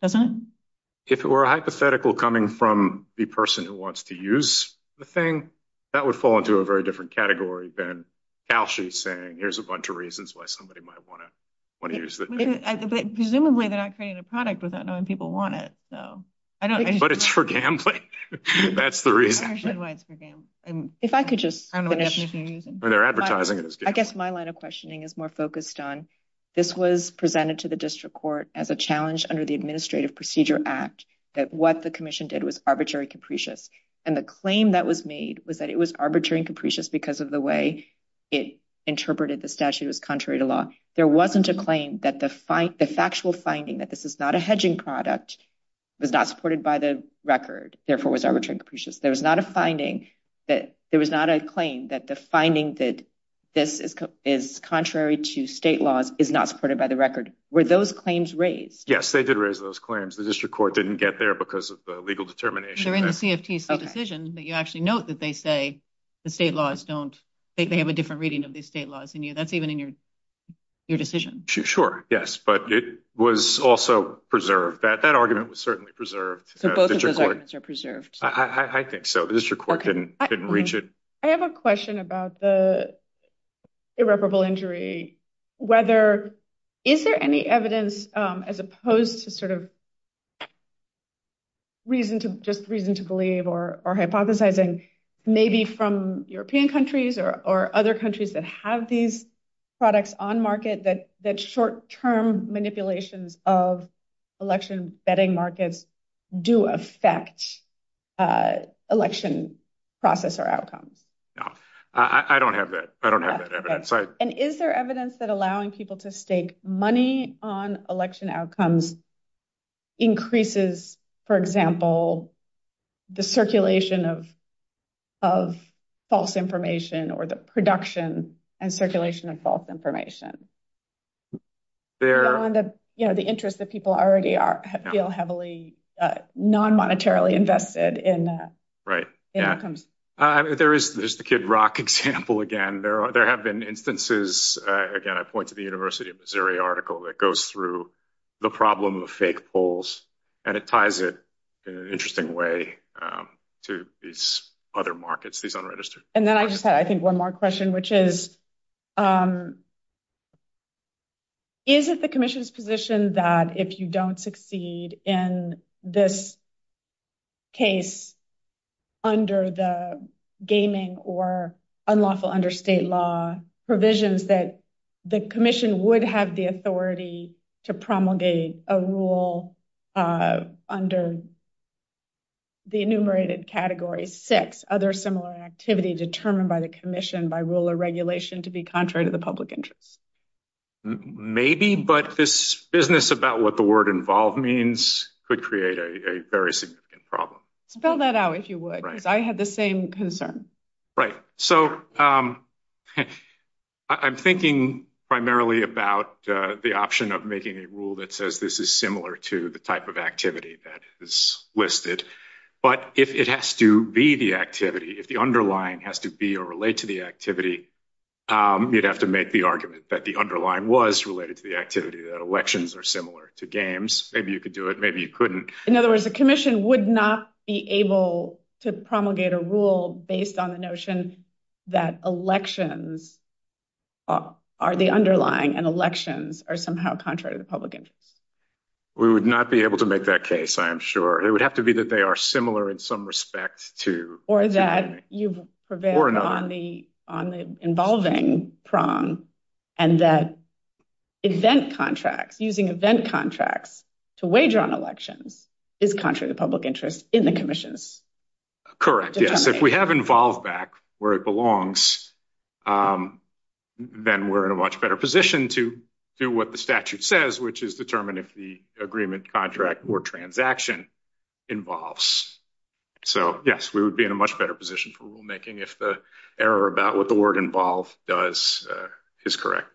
doesn't it? If it were a hypothetical coming from the person who wants to use the thing, that would fall into a very different category than Kalsche saying, here's a bunch of reasons why somebody might want to use it. Presumably they're not creating a product without knowing people want it. But it's for gambling. That's the reason. If I could just finish. I guess my line of questioning is more focused on, this was presented to the district court as a challenge under the Administrative Procedure Act that what the commission did was arbitrary capricious. And the claim that was made was that it was arbitrary and capricious because of the way it interpreted the statute as contrary to law. There wasn't a claim that the factual finding that this is not a hedging product, was not supported by the record, therefore was arbitrary and capricious. There was not a claim that the finding that this is contrary to state laws is not supported by the record. Were those claims raised? Yes, they did raise those claims. The district court didn't get there because of the legal determination. They're in the CFTC decision that you actually note that they say the state laws don't, they have a different reading of the state laws than you. That's even in your decision. Sure. Yes. But it was also preserved. That argument was certainly preserved. So both of those arguments are preserved. I think so. The district court didn't reach it. I have a question about the irreparable injury. Is there any evidence as opposed to just reason to believe or hypothesizing, maybe from European countries or other countries that have these products on market, that short-term manipulation of election betting markets do affect election process or outcomes? No. I don't have that. I don't have that evidence. And is there evidence that allowing people to stake money on election outcomes increases, for example, the circulation of false information or the production and circulation of false information? The interest that people already feel heavily non-monetarily invested in that. Right. There's the Kid Rock example again. There have been instances, again, I point to the University of Missouri article that goes through the problem of fake polls. And it ties it in an interesting way to these other markets, these unregistered markets. And then I just had, I think, one more question, which is, is it the commission's position that if you don't succeed in this case under the gaming or unlawful under state law provisions, that the commission would have the authority to promulgate a rule under the enumerated category six, other similar activities determined by the commission by rule or regulation to be contrary to the public interest? Maybe, but this business about what the word involved means could create a very significant problem. Spell that out if you would, because I had the same concern. Right. So I'm thinking primarily about the option of making a rule that says this is similar to the type of activity that is listed. But if it has to be the activity, if the underlying has to be or relate to the activity, you'd have to make the argument that the underlying was related to the activity, that elections are similar to games. Maybe you could do it, maybe you couldn't. In other words, the commission would not be able to promulgate a rule based on the notion that elections are the underlying and elections are somehow contrary to the public interest. We would not be able to make that case, I am sure. It would have to be that they are similar in some respect to- Or that you've prevailed on the involving prong and that event contracts, using event contracts to wager on elections is contrary to public interest in the commissions. Correct, yes. If we have involved back where it belongs, then we're in a much better position to do what the statute says, which is determine if the agreement, contract, or transaction involves. So yes, we would be in a much better position for making if the error about what the word involved does is correct.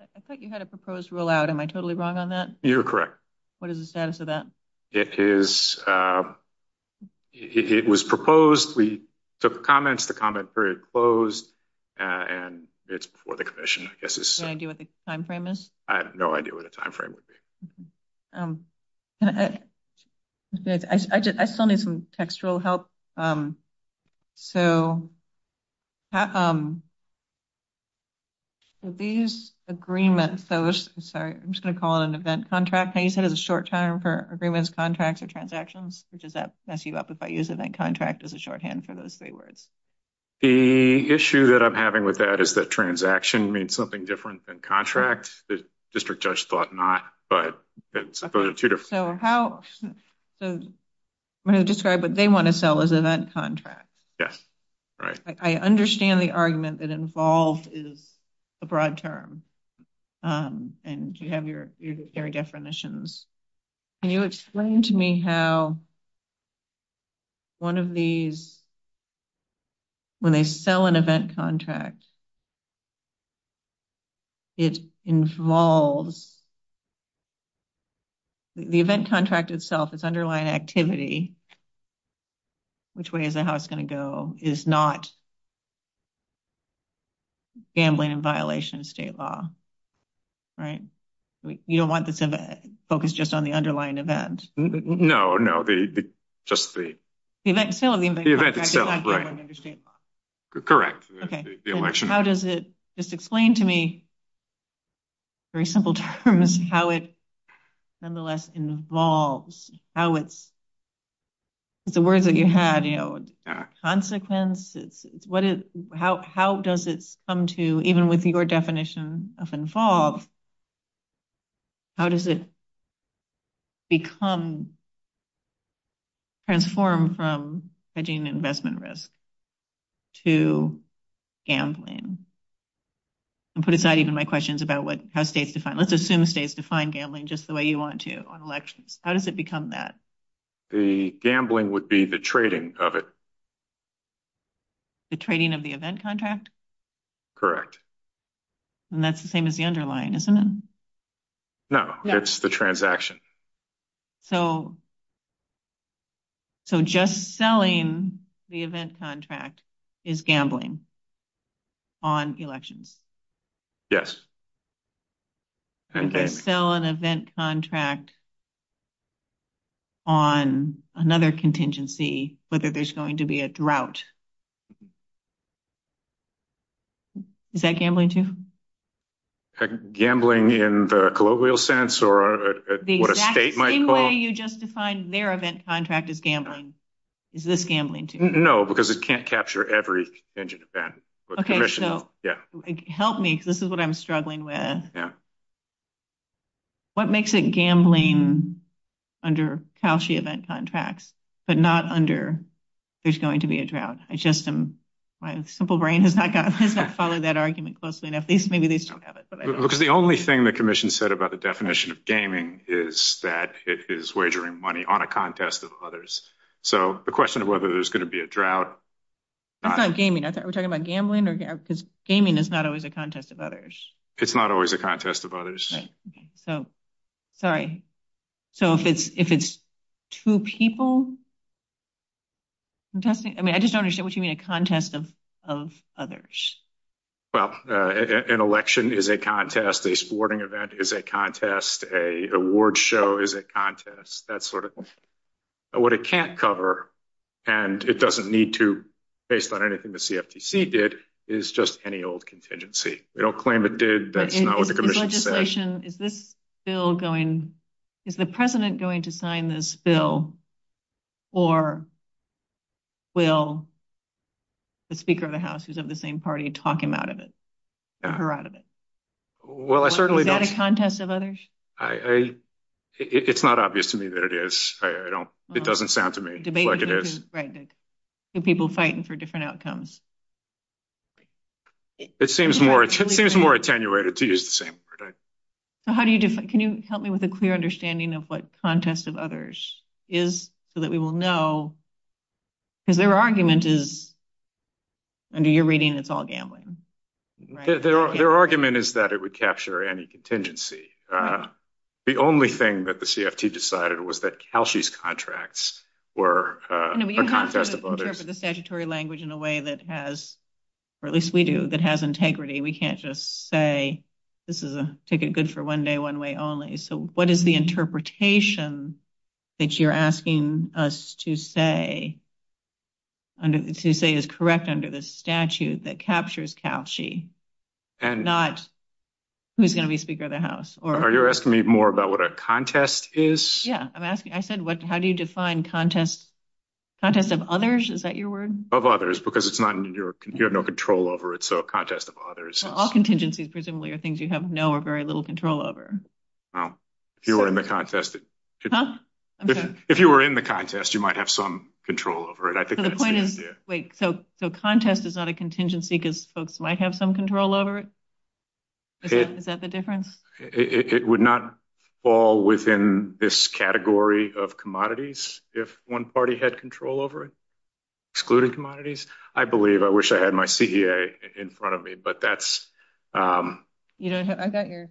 I thought you had a proposed rule out, am I totally wrong on that? You're correct. What is the status of that? It is, it was proposed, we took comments, the comment period closed, and it's before the commission, I guess it's- Do you have any idea what the time frame is? I have no idea what the time frame would be. I still need some textual help. So these agreements, I'm sorry, I'm just going to call it an event contract. How do you say the short term for agreements, contracts, or transactions? Does that mess you up if I use event contract as a shorthand for those three words? The issue that I'm having with that is that transaction means something different than contracts. The district judge thought not, but it's supposed to be different. So how, I'm going to describe what they want to sell as an event contract. Yes, right. I understand the argument that involved is a broad term, and you have your definitions. Can you explain to me how one of these, when they sell an event contract, it involves, the event contract itself, its underlying activity, which way is the house going to go, is not gambling in violation of state law, right? You don't want this to focus just on the underlying event. No, no, just the- The event itself, right. Correct. Okay, so how does it, just explain to me, very simple terms, how it nonetheless involves, how it's, the word that you had, you know, consequence, how does it come to, even with your definition of involve, how does it become, transform from hedging investment risk to gambling? And put aside even my questions about what, how states define, let's assume states define gambling just the way you want to on elections. How does it become that? The gambling would be the trading of it. The trading of the event contract? Correct. And that's the same as the underlying, isn't it? No, it's the transaction. So, so just selling the event contract is gambling on elections? Yes. And to sell an event contract on another contingency, whether there's going to be a drought, is that gambling too? Gambling in the colloquial sense, or what a state might call- The exact same way you just defined their event contract is gambling. Is this gambling too? No, because it can't capture every contingent event. Okay, so help me, because this is what I'm struggling with. What makes it gambling under CAUCI event contracts, but not under there's going to be a drought? My simple brain has not followed that argument closely enough. Maybe they still have it. Because the only thing the commission said about the definition of gaming is that it is wagering money on a contest of others. So, the question of whether there's going to be a drought- It's not gaming. Are we talking about gambling? Because gaming is not always a contest of others. It's not always a contest of others. Right, okay. So, sorry. So, if it's two people contesting, I mean, I just don't understand what you mean a contest of others. Well, an election is a contest. A sporting event is a contest. A award show is a contest. That's sort of what it can't cover. And it doesn't need to, based on anything the CFTC did, is just any old contingency. They don't claim it did. That's not what the commission said. Is this bill going, is the president going to sign this bill, or will the Speaker of the House, who's of the same party, talk him out of it, her out of it? Well, I certainly don't- Is that a contest of others? It's not obvious to me that it is. It doesn't sound to me like it is. Right. Two people fighting for different outcomes. It seems more attenuated to use the same word. So, how do you, can you help me with a clear understanding of what contest of others is so that we will know? Because their argument is, under your reading, it's all gambling, right? Their argument is that it would capture any contingency. The only thing that the CFTC decided was that Calshy's contracts were a contest of others. The statutory language in a way that has, or at least we do, that has integrity. We can't just say, this is a ticket good for one day, one way only. So, what is the interpretation that you're asking us to say, to say is correct under the statute that captures Calshy, not who's going to be Speaker of the House? Are you asking me more about what a contest is? Yeah, I'm asking, I said, how do you define contest of others? Is that your word? Of others, because it's not in your, you have no control over it. So, a contest of others. All contingencies presumably are things you have no or very little control over. Well, if you were in the contest, if you were in the contest, you might have some control over it. Wait, so contest is not a contingency because folks might have some control over it? Is that the difference? It would not fall within this category of commodities, if one party had control over it, excluded commodities. I believe, I wish I had my CEA in front of me, but that's- I got your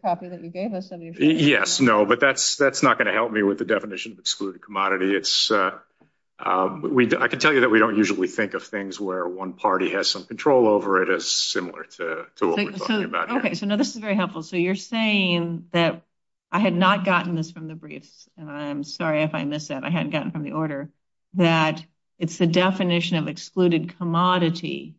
copy that you gave us. Yes, no, but that's not going to help me with the definition of excluded commodity. I can tell you that we don't usually think of things where one party has some control over it similar to what we're talking about here. Okay, so now this is very helpful. So, you're saying that I had not gotten this from the briefs, and I'm sorry if I missed that, I hadn't gotten from the order, that it's the definition of excluded commodity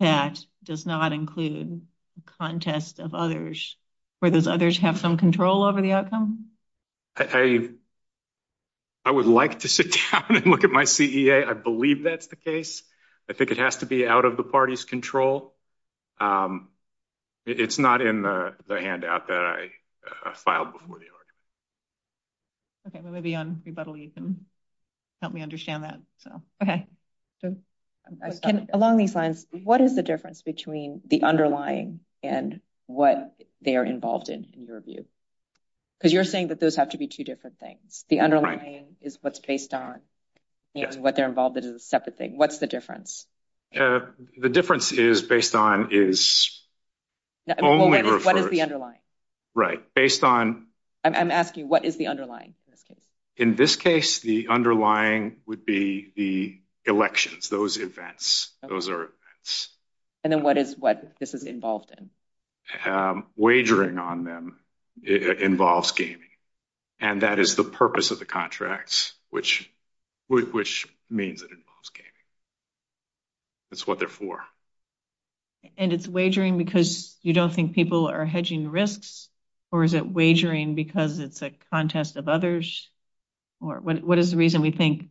that does not include a contest of others, where those others have some control over the outcome? I would like to sit down and look at my CEA. I believe that's the case. I think it has to be out of the party's control. It's not in the handout that I filed before the order. Okay, maybe on rebuttal, you can help me understand that. So, okay. Along these lines, what is the difference between the underlying and what they're involved in, in your view? Because you're saying that those have to be two different things. The underlying is what's based on, and what they're involved in is a separate thing. What's the difference? The difference is based on is only referred- What is the underlying? Right. Based on- I'm asking, what is the underlying? In this case, the underlying would be the elections, those events. Those are events. And then what is what this is involved in? Wagering on them involves gaming, and that is the purpose of the contracts, which means it involves gaming. That's what they're for. And it's wagering because you don't think people are hedging risks, or is it wagering because it's a contest of others? Or what is the reason we think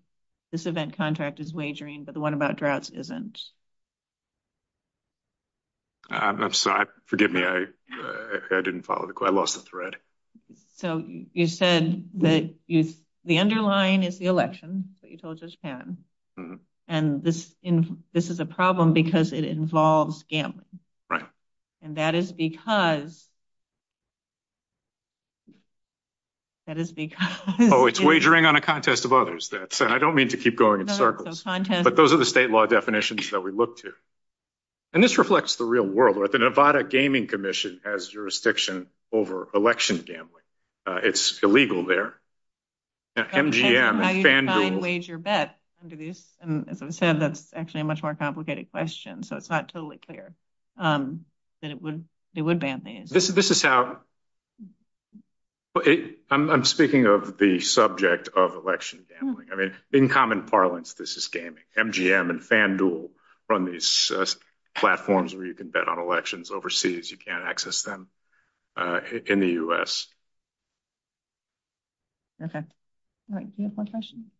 this event contract is wagering, but the one about droughts isn't? I'm sorry. Forgive me. I didn't follow the- I lost the thread. So you said that the underlying is the election that you told us, and this is a problem because it involves gambling. Right. And that is because, that is because- Oh, it's wagering on a contest of others. I don't mean to keep going in circles, but those are the state law definitions that we look to. And this reflects the real world. The Nevada Gaming Commission has jurisdiction over election gambling. It's illegal there. MGM and FanDuel- How do you decide, wage, or bet under these? As I said, that's actually a much more complicated question, so it's not totally clear. But it would ban these. This is how- I'm speaking of the subject of election gambling. I mean, in common parlance, this is gaming. MGM and FanDuel run these platforms where you can bet on elections overseas. You can't access them in the US. Okay. Do you have one question?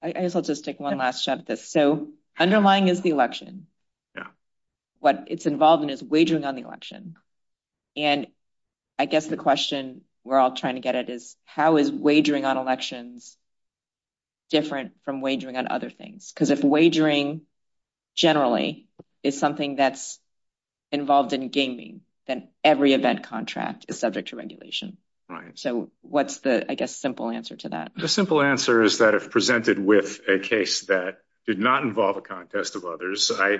I guess I'll just take one last shot at this. So underlying is the election. What it's involved in is wagering on the election. And I guess the question we're all trying to get at is, how is wagering on elections different from wagering on other things? Because if wagering generally is something that's involved in gaming, then every event contract is subject to regulation. So what's the, I guess, simple answer to that? The simple answer is that if presented with a case that did not involve a contest of others, I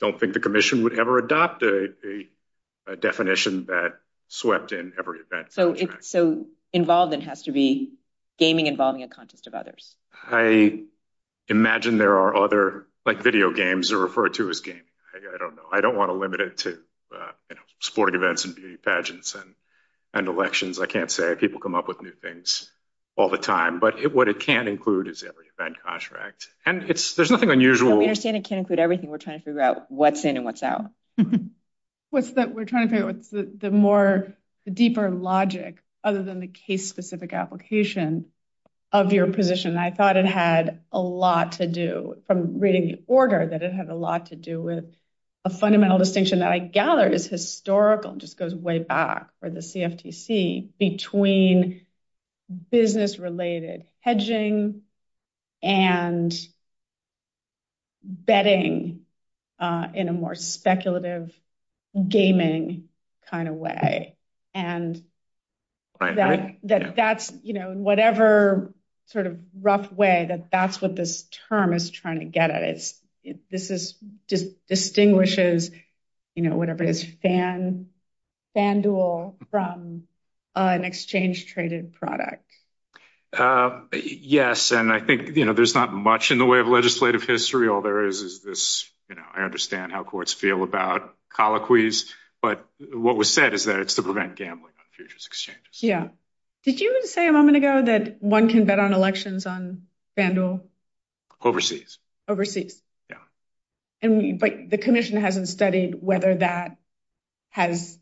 don't think the commission would ever adopt a definition that swept in every event. So involved then has to be gaming involving a contest of others. I imagine there are other, like video games, are referred to as gaming. I don't know. I don't want to limit it to sporting events and beauty pageants and elections. I can't say. People come up with new things all the time. But what it can include is every event contract. And there's nothing unusual- Understanding can include everything. We're trying to figure out what's in and what's out. We're trying to figure out what's the more deeper logic, other than the case-specific application of your position. And I thought it had a lot to do, from reading the order, that it had a lot to do with a fundamental distinction that I gathered is historical, just goes way back for the CFTC, between business-related hedging and betting in a more speculative gaming kind of way. And that's, you know, whatever sort of rough way that that's what this term is trying to get at it. This is just distinguishes, you know, whatever it is, FanDuel from an exchange-traded product. Yes. And I think, you know, there's not much in the way of legislative history. All there is, is this, you know, I understand how courts feel about colloquies, but what was said is that it's to prevent gambling on futures exchanges. Yeah. Did you even say a moment ago that one can bet on elections on FanDuel? Overseas. Overseas. Yeah. And, but the commission hasn't studied whether that has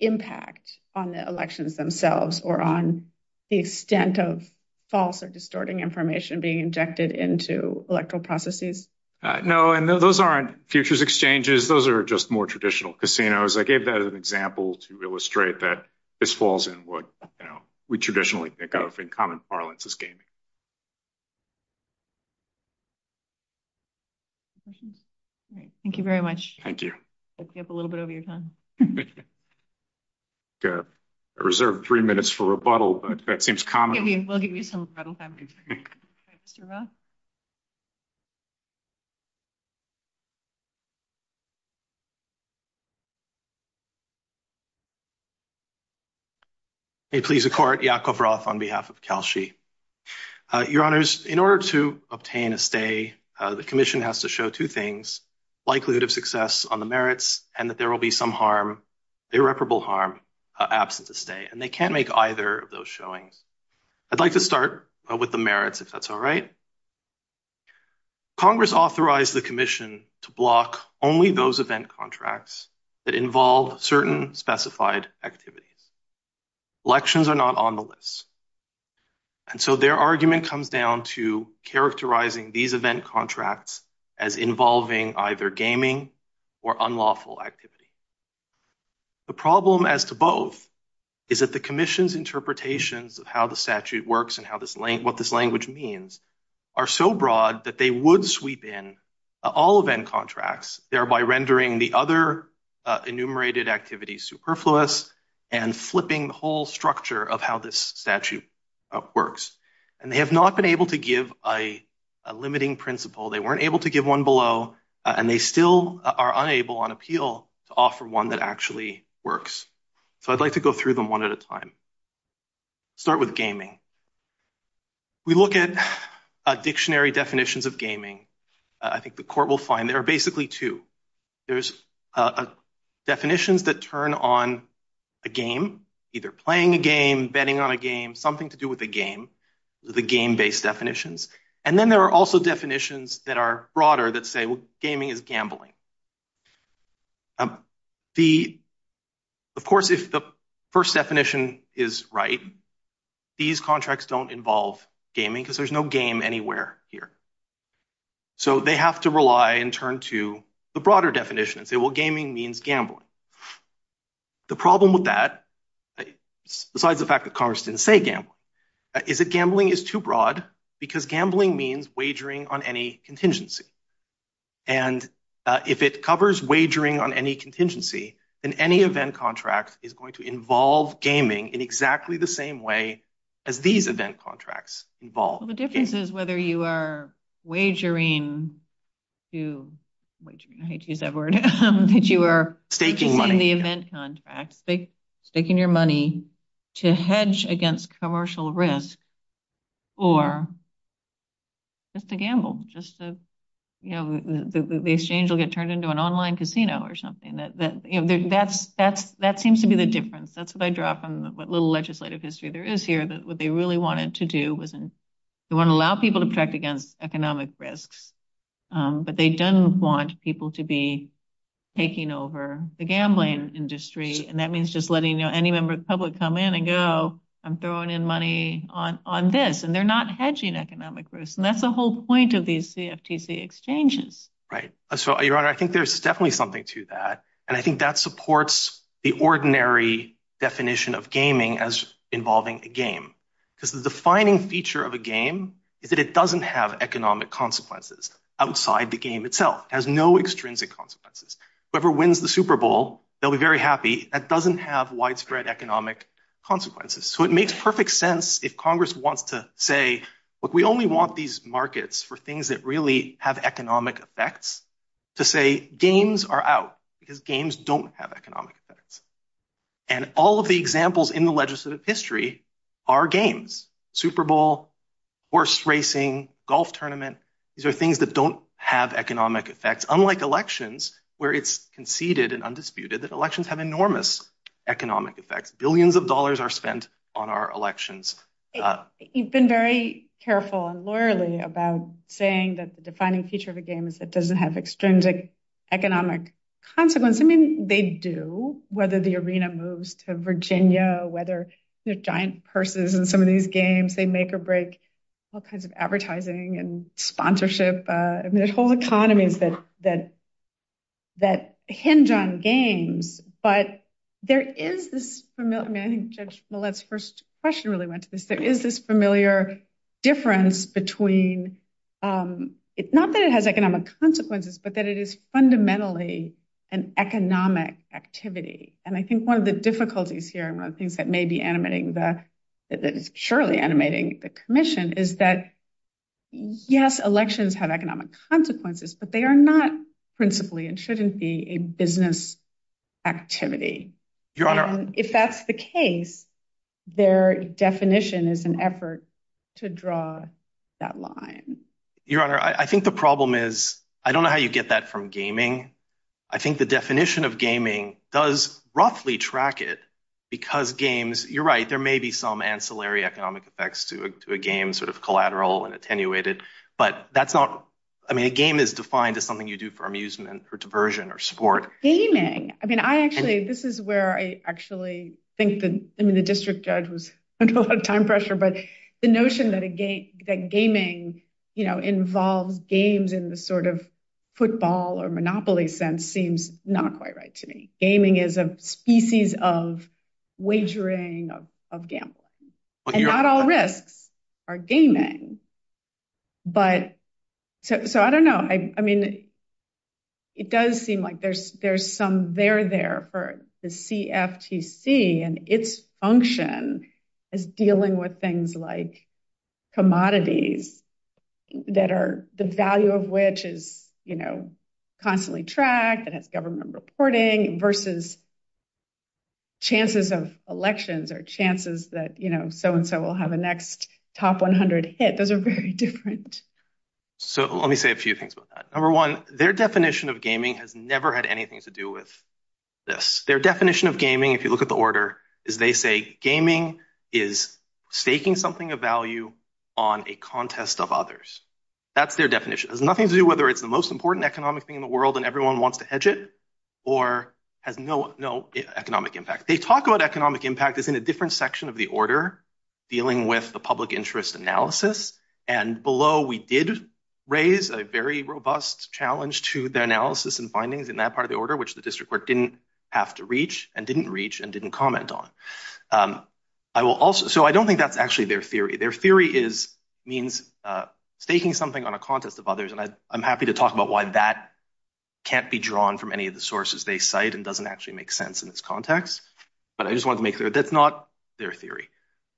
impact on the elections themselves or on the extent of false or distorting information being injected into electoral processes. No, and those aren't futures exchanges. Those are just more traditional casinos. I gave that as an example to illustrate that this falls in what, you know, we traditionally think of in common parlance as gaming. Great. Thank you very much. Thank you. Let's get a little bit of your time. I reserved three minutes for rebuttal, but that seems common. May it please the court, Yakov Roth on behalf of Kelshi. Your honors, in order to obtain a stay, the commission has to show two things, likelihood of success on the merits and that there will be some harm, irreparable harm absent the stay, and they can't make either of those showing. I'd like to start with the merits, if that's all right. Congress authorized the commission to block only those event contracts that involve certain specified activities. Elections are not on the list. And so their argument comes down to characterizing these event contracts as involving either gaming or unlawful activity. The problem as to both is that the commission's interpretations of how the statute works and what this language means are so broad that they would sweep in all event contracts, thereby rendering the other enumerated activities superfluous and flipping the whole structure of how this statute works. And they have not been able to give a limiting principle. They weren't able to give one below, and they still are unable on appeal to offer one that actually works. So I'd like to go through them one at a time. Start with gaming. We look at dictionary definitions of gaming. I think the court will find there are basically two. There's definitions that turn on a game, either playing a game, betting on a game, something to do with a game, the game-based definitions. And then there are also definitions that are broader that say, well, gaming is gambling. Of course, if the first definition is right, these contracts don't involve gaming because there's no game anywhere here. So they have to rely and turn to the broader definition and say, well, gaming means gambling. The problem with that, besides the fact that Congress didn't say gambling, is that gambling is too broad because gambling means wagering on any contingency. And if it covers wagering on any contingency, then any event contract is going to involve gaming in exactly the same way as these event contracts involve gaming. The difference is whether you are wagering to, I hate to use that word, that you are taking the event contract, staking your money to hedge against commercial risk or just to gamble, just so the exchange will get turned into an online casino or something. That seems to be the difference. That's what I draw from what little legislative history there is here, that what they really wanted to do was to allow people to protect against economic risks. But they didn't want people to be taking over the gambling industry. And that means just letting any member of the public come in and go, I'm throwing in money on this. And they're not hedging economic risk. And that's the whole point of these CFTC exchanges. Right. So, Your Honor, I think there's definitely something to that. And I think that supports the ordinary definition of gaming as involving a game. Because the defining feature of a game is that it doesn't have economic consequences outside the game itself. It has no extrinsic consequences. Whoever wins the Super Bowl, they'll be very happy. That doesn't have widespread economic consequences. So, it makes perfect sense if Congress wants to say, look, we only want these markets for things that really have economic effects to say games are out because games don't have economic effects. And all of the examples in the legislative history are games. Super Bowl, horse racing, golf tournament. These are things that don't have economic effects. Unlike elections, where it's conceded and undisputed that elections have enormous economic effects. Billions of dollars are spent on our elections. You've been very careful and lawyerly about saying that the defining feature of a game is that it doesn't have extrinsic economic consequences. I mean, they do, whether the arena moves to Virginia, whether giant purses and some of these games, they make or break all kinds of advertising and sponsorship. I mean, there's whole economies that hinge on games. But there is this familiar... I think Judge Millett's first question really went to this. There is this familiar difference between... It's not that it has economic consequences, but that it is fundamentally an economic activity. And I think one of the difficulties here, and I think that may be animating the... Surely animating the commission is that, yes, elections have economic consequences, but they are not principally and shouldn't be a business activity. If that's the case, their definition is an effort to draw that line. Your Honor, I think the problem is... I don't know how you get that from gaming. I think the definition of gaming does roughly track it because games... You're right, there may be some ancillary economic effects to a game, sort of collateral and attenuated, but that's not... I mean, a game is defined as something you do for amusement, for diversion, or sport. Gaming... I mean, I actually... This is where I actually think that... I mean, the district judge was under a lot of time pressure, but the notion that gaming involves games in the sort of football or monopoly sense seems not quite right to me. Gaming is a species of wagering, of gambling. And not all risks are gaming. But... So, I don't know. I mean, it does seem like there's some there there for the CFTC and its function is dealing with things like commodities that are... The value of which is constantly tracked and it's government reporting versus chances of elections or chances that so we'll have a next top 100 hit. Those are very different. So, let me say a few things about that. Number one, their definition of gaming has never had anything to do with this. Their definition of gaming, if you look at the order, is they say gaming is taking something of value on a contest of others. That's their definition. It has nothing to do whether it's the most important economic thing in the world and everyone wants to hedge it or has no economic impact. They talk about economic impact is in a different section of the order. Dealing with the public interest analysis and below we did raise a very robust challenge to their analysis and findings in that part of the order, which the district work didn't have to reach and didn't reach and didn't comment on. I will also... So, I don't think that's actually their theory. Their theory is means taking something on a contest of others and I'm happy to talk about why that can't be drawn from any of the sources they cite and doesn't actually make sense in this context, but I just want to make sure that's not their theory.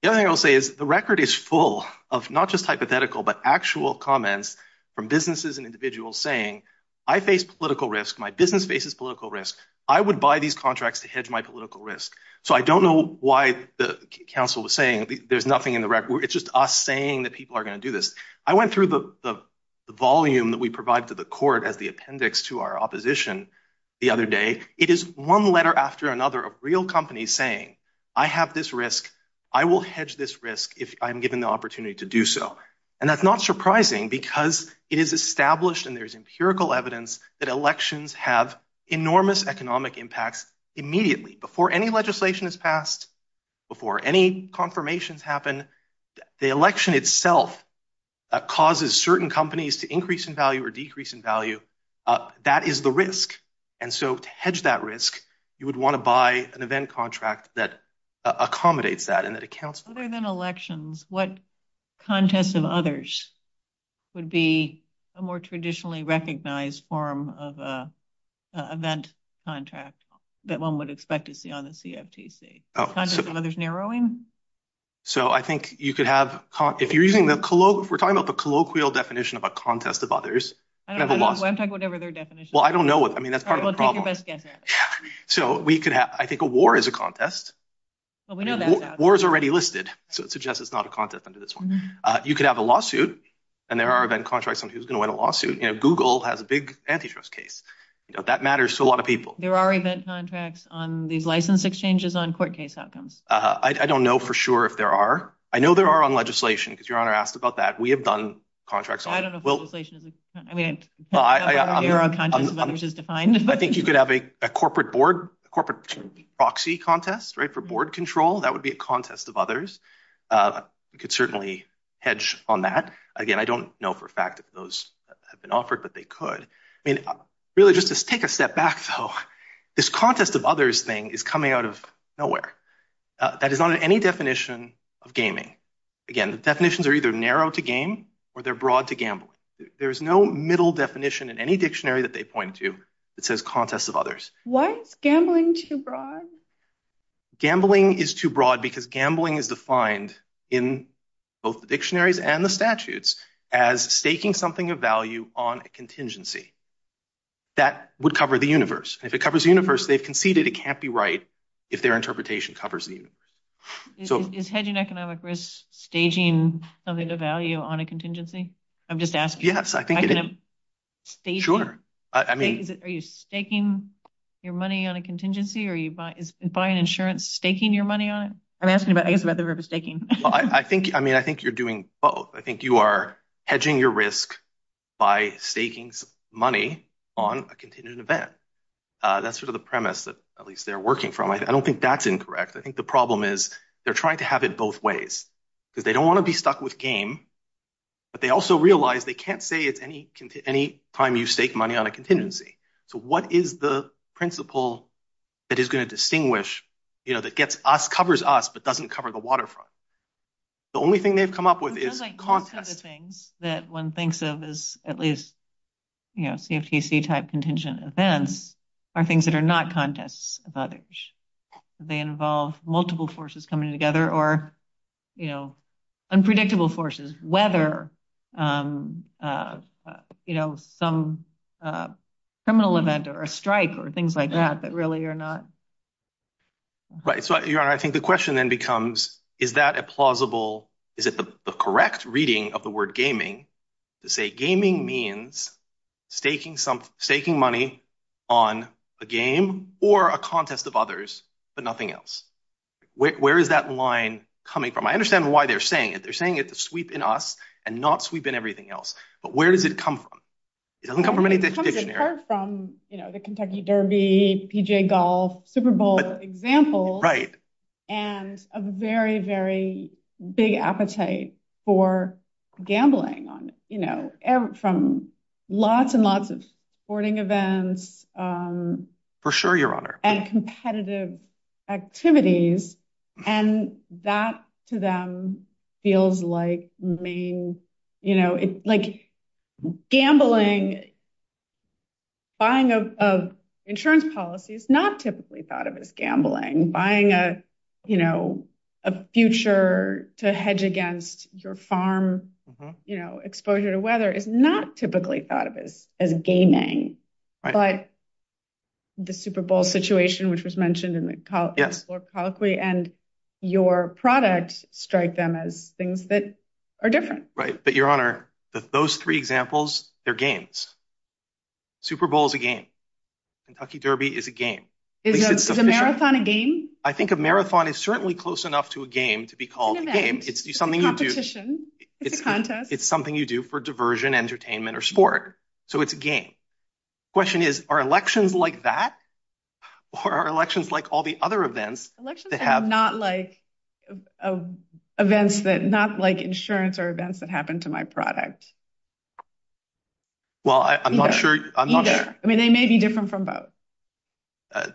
The other thing I'll say is the record is full of not just hypothetical, but actual comments from businesses and individuals saying, I face political risk. My business faces political risk. I would buy these contracts to hedge my political risk. So, I don't know why the council was saying there's nothing in the record. It's just us saying that people are going to do this. I went through the volume that we provide to the court as the appendix to our opposition the other day. It is one letter after another of real companies saying, I have this risk. I will hedge this risk if I'm given the opportunity to do so. And that's not surprising because it is established and there's empirical evidence that elections have enormous economic impacts immediately before any legislation is passed, before any confirmations happen. The election itself causes certain companies to increase in value or decrease in value. That is the risk. And so, to hedge that risk, you would want to buy an event contract that accommodates that and that accounts... Other than elections, what contest of others would be a more traditionally recognized form of event contract that one would expect to see on the CFTC? Contest of others narrowing? So, I think you could have... If you're using the we're talking about the colloquial definition of a contest of others. I don't know. I'm talking whatever their definition is. Well, I don't know. I mean, that's part of the problem. So, we could have... I think a war is a contest. Well, we know that now. War is already listed. So, it suggests it's not a contest under this one. You could have a lawsuit and there are event contracts on who's going to win a lawsuit. Google has a big antitrust case. That matters to a lot of people. There are event contracts on these license exchanges on court case outcomes. I don't know for sure if there are. I know there are on legislation because your Honor asked about that. We have done contracts on it. I don't know if legislation is... I mean, I don't know where a contest of others is defined. I think you could have a corporate board, a corporate proxy contest, right, for board control. That would be a contest of others. You could certainly hedge on that. Again, I don't know for a fact if those have been offered, but they could. I mean, really just to take a step back, though, this contest of others thing is coming out of nowhere. That is not in any definition of gaming. Again, the definitions are either narrow to game or they're broad to gambling. There's no middle definition in any dictionary that they point to that says contest of others. Why is gambling too broad? Gambling is too broad because gambling is defined in both the dictionaries and the statutes as staking something of value on a contingency that would cover the universe. If it covers the universe, they've conceded it can't be right if their interpretation covers the universe. Is hedging economic risk staging something of value on a contingency? I'm just asking. Yes, I think it is. Are you staking your money on a contingency? Is buying insurance staking your money on it? I'm asking about, I guess, about the verb of staking. I think you're doing both. I think you are hedging your risk by staking some money on a contingent event. That's sort of the premise that at least they're working from. I don't think that's incorrect. I think the problem is they're trying to have it both ways. They don't want to be stuck with game, but they also realize they can't say it's any time you stake money on a contingency. What is the principle that is going to distinguish, that covers us, but doesn't cover the waterfront? The only thing they've come up with is contest. I feel like most of the things that one thinks of as at least CFTC type contingent events are things that are not contests of others. They involve multiple forces coming together or unpredictable forces, whether some criminal event or a strike or things like that, but really are not. Right. I think the question then becomes, is that a plausible, is it the correct reading of the word to say gaming means staking money on a game or a contest of others, but nothing else? Where is that line coming from? I understand why they're saying it. They're saying it to sweep in us and not sweep in everything else, but where does it come from? It doesn't come from any distinction. It comes from the Kentucky Derby, PGA golf, Super Bowl example, and a very, very big appetite for gambling from lots and lots of sporting events- For sure, your honor.... and competitive activities. That, to them, feels like main... Gambling, buying of insurance policies, it's not typically thought of as gambling. Buying a future to hedge against your farm exposure to weather is not typically thought of as gaming, but the Super Bowl situation, which was mentioned in the column, and your product strike them as things that are different. Right, but your honor, those three examples, they're games. Super Bowl is a game. Kentucky Derby is a game. Is a marathon a game? I think a marathon is certainly close enough to a game to be called a game. It's competition. It's a contest. It's something you do for diversion, entertainment, or sport, so it's a game. The question is, are elections like that or are elections like all the other events that have- Elections are not like insurance or events that happen to my product. Well, I'm not sure. I mean, they may be different from both.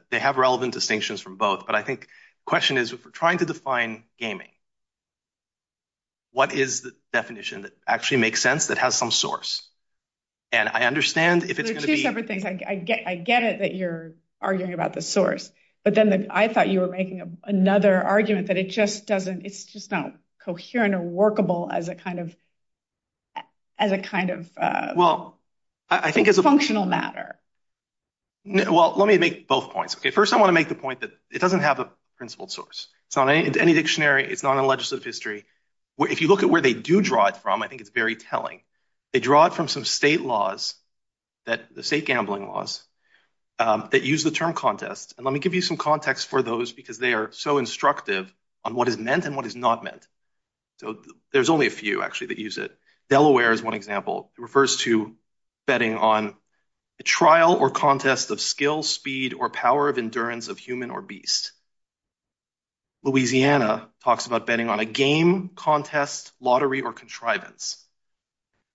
They have relevant distinctions from both, but I think the question is, if we're trying to define gaming, what is the definition that actually makes sense that has some source? And I understand if it's going to be- There's two separate things. I get it that you're arguing about the source, but then I thought you were making another argument that it's just not coherent or workable as a kind of functional matter. Well, let me make both points. First, I want to make the point that it doesn't have a principled source. It's not in any dictionary. It's not in legislative history. If you look at where they do draw it from, I think it's very telling. They draw it from some state laws, the state gambling laws, that use the term contest, and let me give you some context for those because they are so instructive on what is meant and what is not meant. There's only a few, actually, that use it. Delaware is one example. It refers to betting on the trial or contest of skill, speed, or power of endurance of human or beast. Louisiana talks about betting on a game, contest, lottery, or contrivance.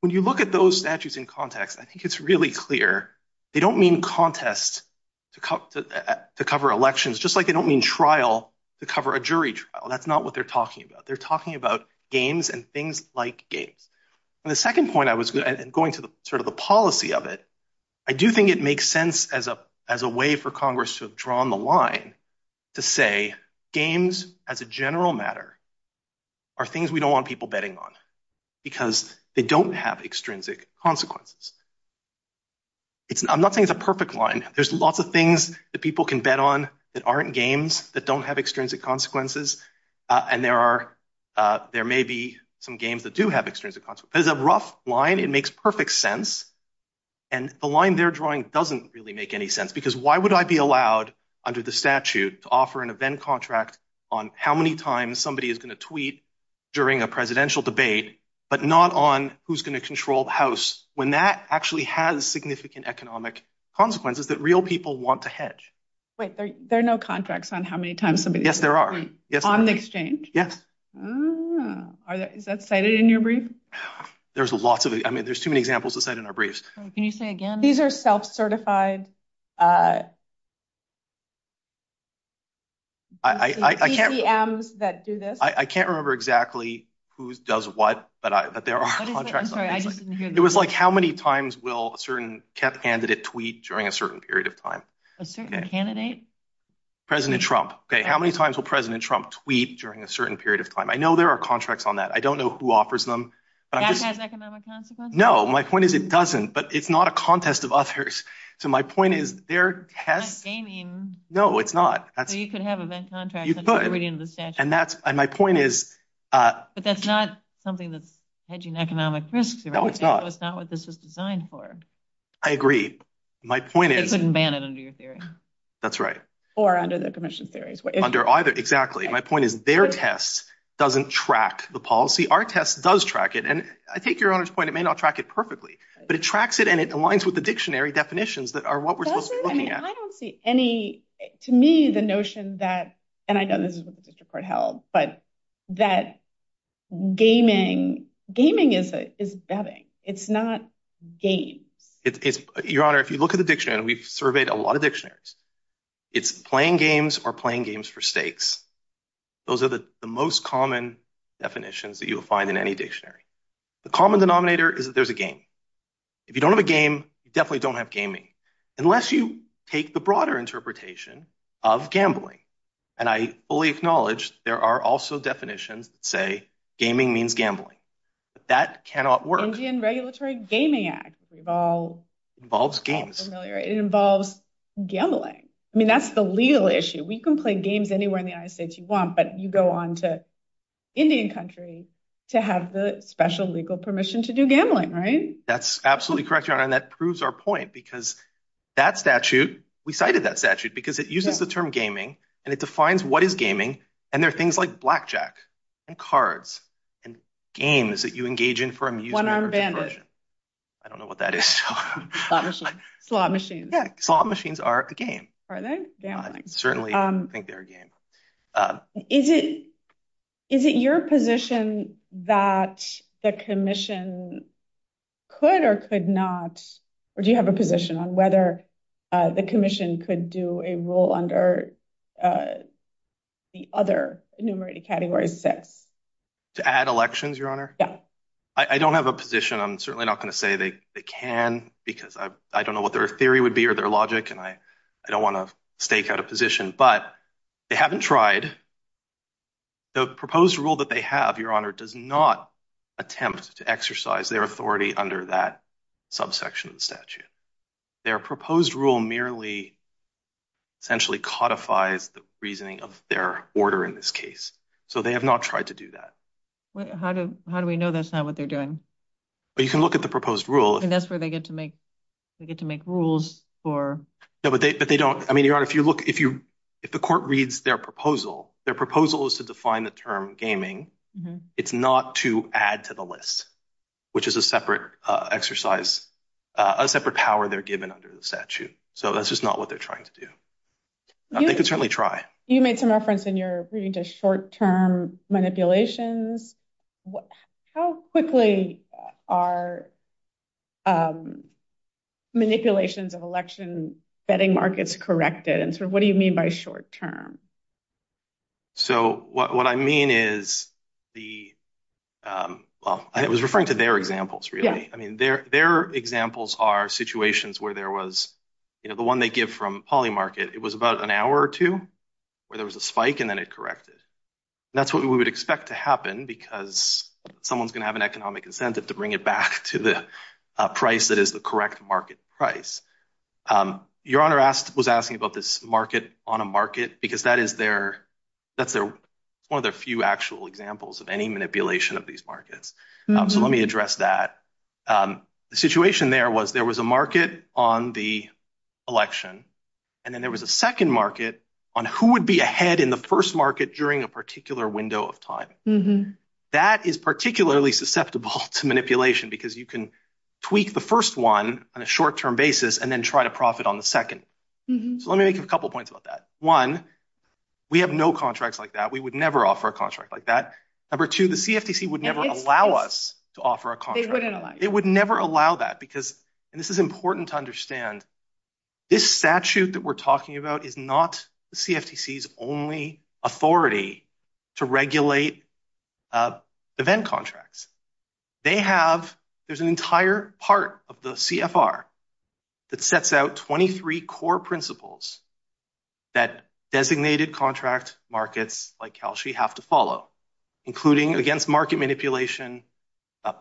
When you look at those statutes in context, I think it's really clear. They don't mean contest to cover elections, just like they don't mean trial to cover a jury trial. That's not what they're talking about. They're talking about games and things like games. The second point, going to the policy of it, I do think it makes sense as a way for Congress to have drawn the line to say games as a general matter are things we don't want people betting on because they don't have extrinsic consequences. I'm not saying it's a perfect line. There's lots of things that people can bet on that aren't games that don't have extrinsic consequences, and there may be some games that do have extrinsic consequences. It's a rough line. It makes perfect sense, and the line they're drawing doesn't really make any sense because why would I be allowed under the statute to offer an event contract on how many times somebody is going to tweet during a presidential debate, but not on who's going to control the House when that actually has significant economic consequences that real people want to hedge? Wait, there are no contracts on how many times somebody... Yes, there are. On the exchange? Yes. Is that cited in your brief? There's a lot of... I mean, there's too many examples of that in our briefs. Can you say again? These are self-certified... I can't... CPMs that do this. I can't remember exactly who does what, but there are contracts. I'm sorry, I just didn't hear that. It was like how many times will a certain candidate tweet during a certain period of time? A certain candidate? President Trump. Okay, how many times will President Trump tweet during a certain period of time? I know there are contracts on that. I don't know who offers them. Does that have economic consequences? No, my point is it doesn't, but it's not a contest of others. So my point is there has... It's not gaming. No, it's not. So you could have event contracts... You could. ...without reading the statute. And my point is... But that's not something that's hedging economic risks. No, it's not. That's not what this is designed for. I agree. My point is... You couldn't ban it under your theory. That's right. Or under the commission's theories. Under either. Exactly. My point is their test doesn't track the policy. Our test does track it. And I take your point. It may not track it perfectly, but it tracks it and it aligns with the dictionary definitions that are what we're supposed to be looking at. I don't see any... To me, the notion that... And I know this is what the district court held, but that gaming is betting. It's not game. Your Honor, if you look at the dictionary, and we've surveyed a lot of dictionaries, it's playing games or playing games for stakes. Those are the most common definitions that you'll find in any dictionary. The common denominator is that there's a game. If you don't have a game, you definitely don't have gaming, unless you take the broader interpretation of gambling. And I fully acknowledge there are also definitions that say gaming means gambling, but that cannot work. Indian Regulatory Gaming Act involves... Involves games. It involves gambling. I mean, that's the legal issue. We can play games anywhere in the United States you want, but you go on to Indian country to have the special legal permission to do gambling, right? That's absolutely correct, Your Honor, and that proves our point, because that statute, we cited that statute, because it uses the term gaming, and it defines what is gaming, and there are things like blackjack and cards and games that you engage in for amusement. One-armed bandit. I don't know what that is. Slot machines. Yeah, slot machines are a game. Are they? Yeah, certainly, I think they're a game. Is it your position that the commission could or could not, or do you have a position on whether the commission could do a rule under the other enumerated categories? To add elections, Your Honor? Yeah. I don't have a position. I'm certainly not going to say they can, because I don't know what their theory would be or their logic, and I don't want to stake out a position, but they haven't tried. The proposed rule that they have, Your Honor, does not attempt to exercise their authority under that subsection of the statute. Their proposed rule merely essentially codifies the reasoning of their order in this case, so they have not tried to do that. How do we know that's not what they're doing? Well, you can look at the proposed rule. And that's where they get to make rules for... But they don't. I mean, Your Honor, if you look, if the court reads their proposal, their proposal is to define the term gaming. It's not to add to the list, which is a separate exercise, a separate power they're given under the statute. So that's just not what they're trying to do. They could certainly try. You made some reference in your reading to short-term manipulations. What... How quickly are manipulations of election betting markets corrected? And so what do you mean by short-term? So what I mean is the... Well, I was referring to their examples, really. I mean, their examples are situations where there was, you know, the one they give from Polly Market, it was about an hour or two where there was a spike and then it corrected. That's what we would expect to happen because someone's going to have an economic incentive to bring it back to the price that is the correct market price. Your Honor was asking about this market on a market because that is their... That's one of the few actual examples of any manipulation of these markets. So let me address that. The situation there was there was a market on the election, and then there was a second market on who would be ahead in the first market during a particular window of time. That is particularly susceptible to manipulation because you can tweak the first one on a short-term basis and then try to profit on the second. So let me make a couple of points about that. One, we have no contracts like that. We would never offer a contract like that. Number two, the CFTC would never allow us to offer a contract like that. It would never allow that because, and this is important to understand, this statute that we're talking about is not the CFTC's only authority to regulate event contracts. They have... There's an entire part of the CFR that sets out 23 core principles that designated contract markets like Calgary have to follow, including against market manipulation,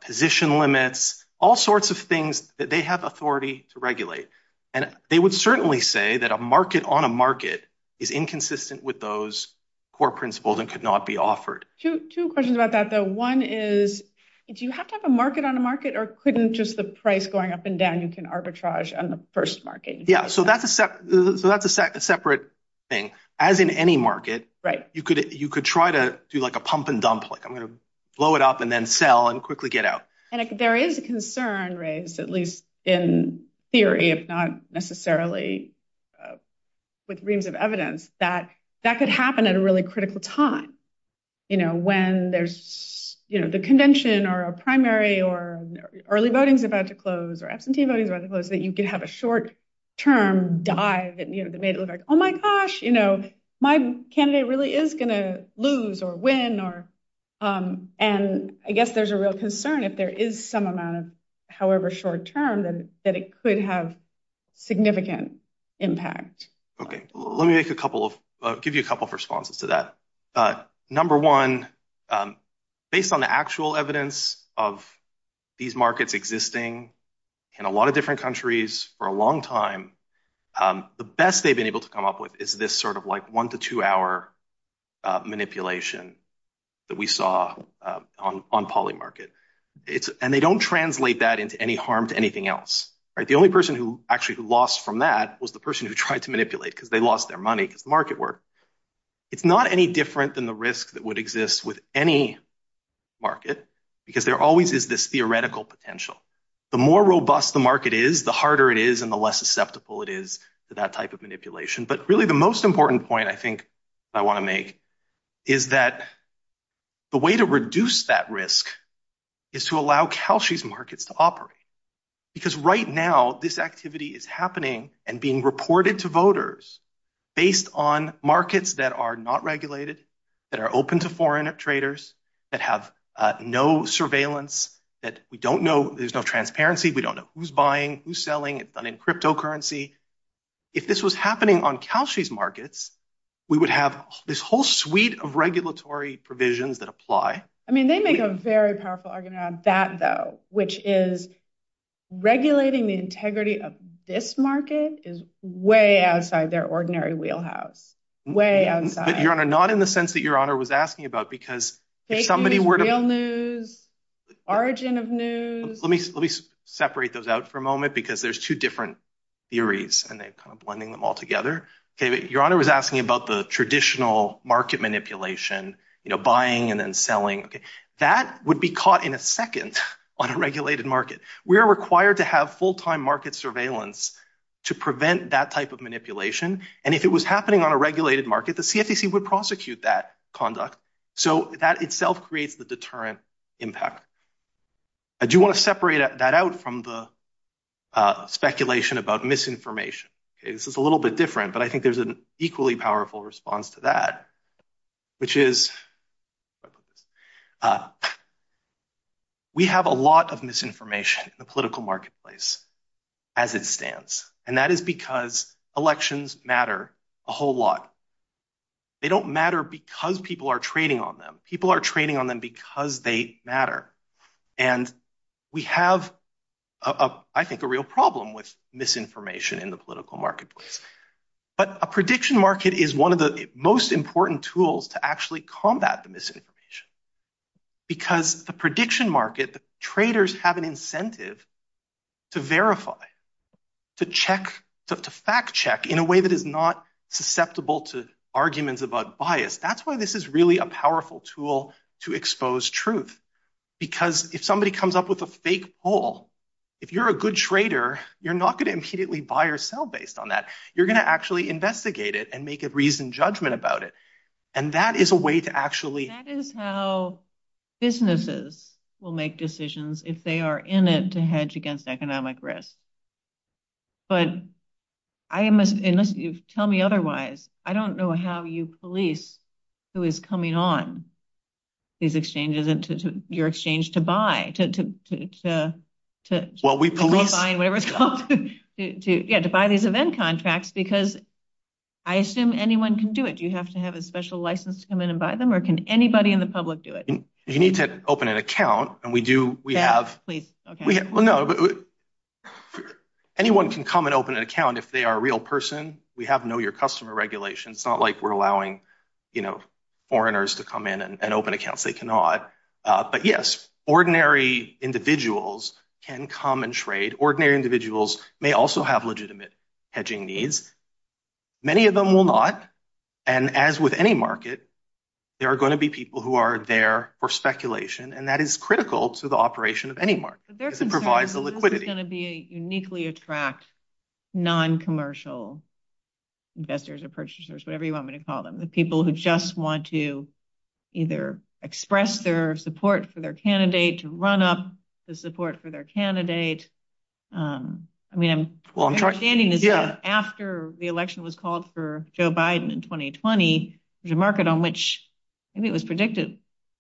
position limits, all sorts of things that they have authority to regulate. And they would certainly say that a market on a market is inconsistent with those core principles and could not be offered. Two questions about that, though. One is, do you have to have a market on a market or couldn't just the price going up and down you can arbitrage on the first market? Yeah, so that's a separate thing. As in any market, you could try to do like a pump and dump, like I'm going to blow it up and then sell and quickly get out. And there is a concern raised, at least in theory, if not necessarily with reason of evidence, that that could happen at a really critical time. When there's the convention or a primary or early voting's about to close or S&T voting's about to close, that you could have a short-term dive that made it like, oh my gosh, my candidate really is going to lose or win. And I guess there's a real concern if there is some amount of however short-term that it could have significant impact. Okay, let me make a couple of, give you a couple of responses to that. Number one, based on the actual evidence of these markets existing in a lot of different countries for a long time, the best they've been able to come up with is this sort of one- to two-hour manipulation that we saw on poly market. And they don't translate that into any harm to anything else. The only person who actually lost from that was the person who tried to manipulate because they lost their money, market work. It's not any different than the risk that would exist with any market because there always is this theoretical potential. The more robust the market is, the harder it is and the less susceptible it is to that type of manipulation. But really the most important point I think I want to make is that the way to reduce that risk is to allow Cauchy's markets to operate. Because right now this activity is happening and being reported to voters based on markets that are not regulated, that are open to foreign traders, that have no surveillance, that we don't know, there's no transparency. We don't know who's buying, who's selling. It's done in cryptocurrency. If this was happening on Cauchy's markets, we would have this whole suite of regulatory provisions that apply. I mean, they make a very powerful argument on that though, which is regulating the integrity of this market is way outside their ordinary wheelhouse. Way outside. Your Honor, not in the sense that Your Honor was asking about because if somebody were to... Fake news, real news, origin of news. Let me separate those out for a moment because there's two different theories and they're kind of blending them all together. David, Your Honor was asking about the traditional market manipulation, buying and then selling. That would be caught in a second on a regulated market. We are required to have full-time market surveillance to prevent that type of manipulation. And if it was happening on a regulated market, the CFTC would prosecute that conduct. So that itself creates the deterrent impact. I do want to separate that out from the speculation about misinformation. This is a little bit different, but I think there's an equally powerful response to that, which is we have a lot of misinformation in the political marketplace as it stands. And that is because elections matter a whole lot. They don't matter because people are trading on them. People are trading on them because they matter. And we have, I think, a real problem with misinformation in the political marketplace. But a prediction market is one of the most important tools to actually combat the misinformation. Because the prediction market, the traders have an incentive to verify, to fact check in a way that is not susceptible to arguments about bias. That's why this is really a powerful tool to expose truth. Because if somebody comes up with a fake poll, if you're a good trader, you're not going to immediately buy or sell based on that. You're going to actually investigate it and make a reasoned judgment about it. And that is a way to actually... That is how businesses will make decisions if they are in it to hedge against economic risk. But unless you tell me otherwise, I don't know how you police who is coming on these exchanges and your exchange to buy, to verify, whatever it's called, to buy these event contracts, because I assume anyone can do it. Do you have to have a special license to come in and buy them? Or can anybody in the public do it? You need to open an account. And we do, we have... Anyone can come and open an account if they are a real person. We have Know Your Customer regulations. It's not like we're allowing, you know, foreigners to come in and open accounts they cannot. But yes, ordinary individuals can come and trade. Ordinary individuals may also have legitimate hedging needs. Many of them will not. And as with any market, there are going to be people who are there for speculation. And that is critical to the operation of any market to provide the liquidity. Uniquely attract non-commercial investors or purchasers, whatever you want me to call them. The people who just want to either express their support for their candidate, to run up the support for their candidate. I mean, after the election was called for Joe Biden in 2020, there's a market on which it was predicted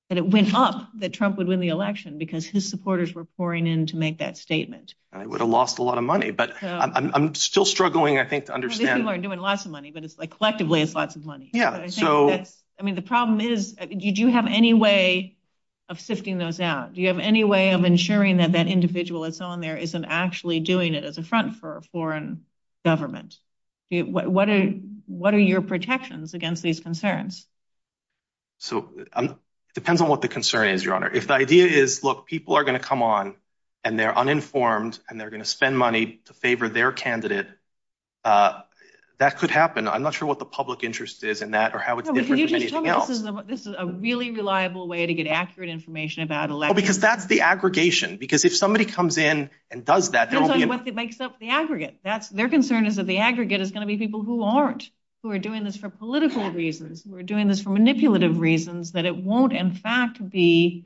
that it went up, that Trump would win the election because his supporters were pouring in to make that statement. And it would have lost a lot of money. But I'm still struggling, I think, to understand. These people are doing lots of money, but it's like collectively it's lots of money. Yeah. I mean, the problem is, do you have any way of sifting those out? Do you have any way of ensuring that that individual that's on there isn't actually doing it as a front for a foreign government? What are your protections against these concerns? So it depends on what the concern is, Your Honor. If the idea is, look, people are going to come on, and they're uninformed, and they're going to spend money to favor their candidate, that could happen. I'm not sure what the public interest is in that or how it's different from anything else. This is a really reliable way to get accurate information about elections. Well, because that's the aggregation. Because if somebody comes in and does that, there won't be any... Except the aggregate. Their concern is that the aggregate is going to be people who aren't, who are doing this for political reasons, who are doing this for manipulative reasons, that it won't, in fact, be,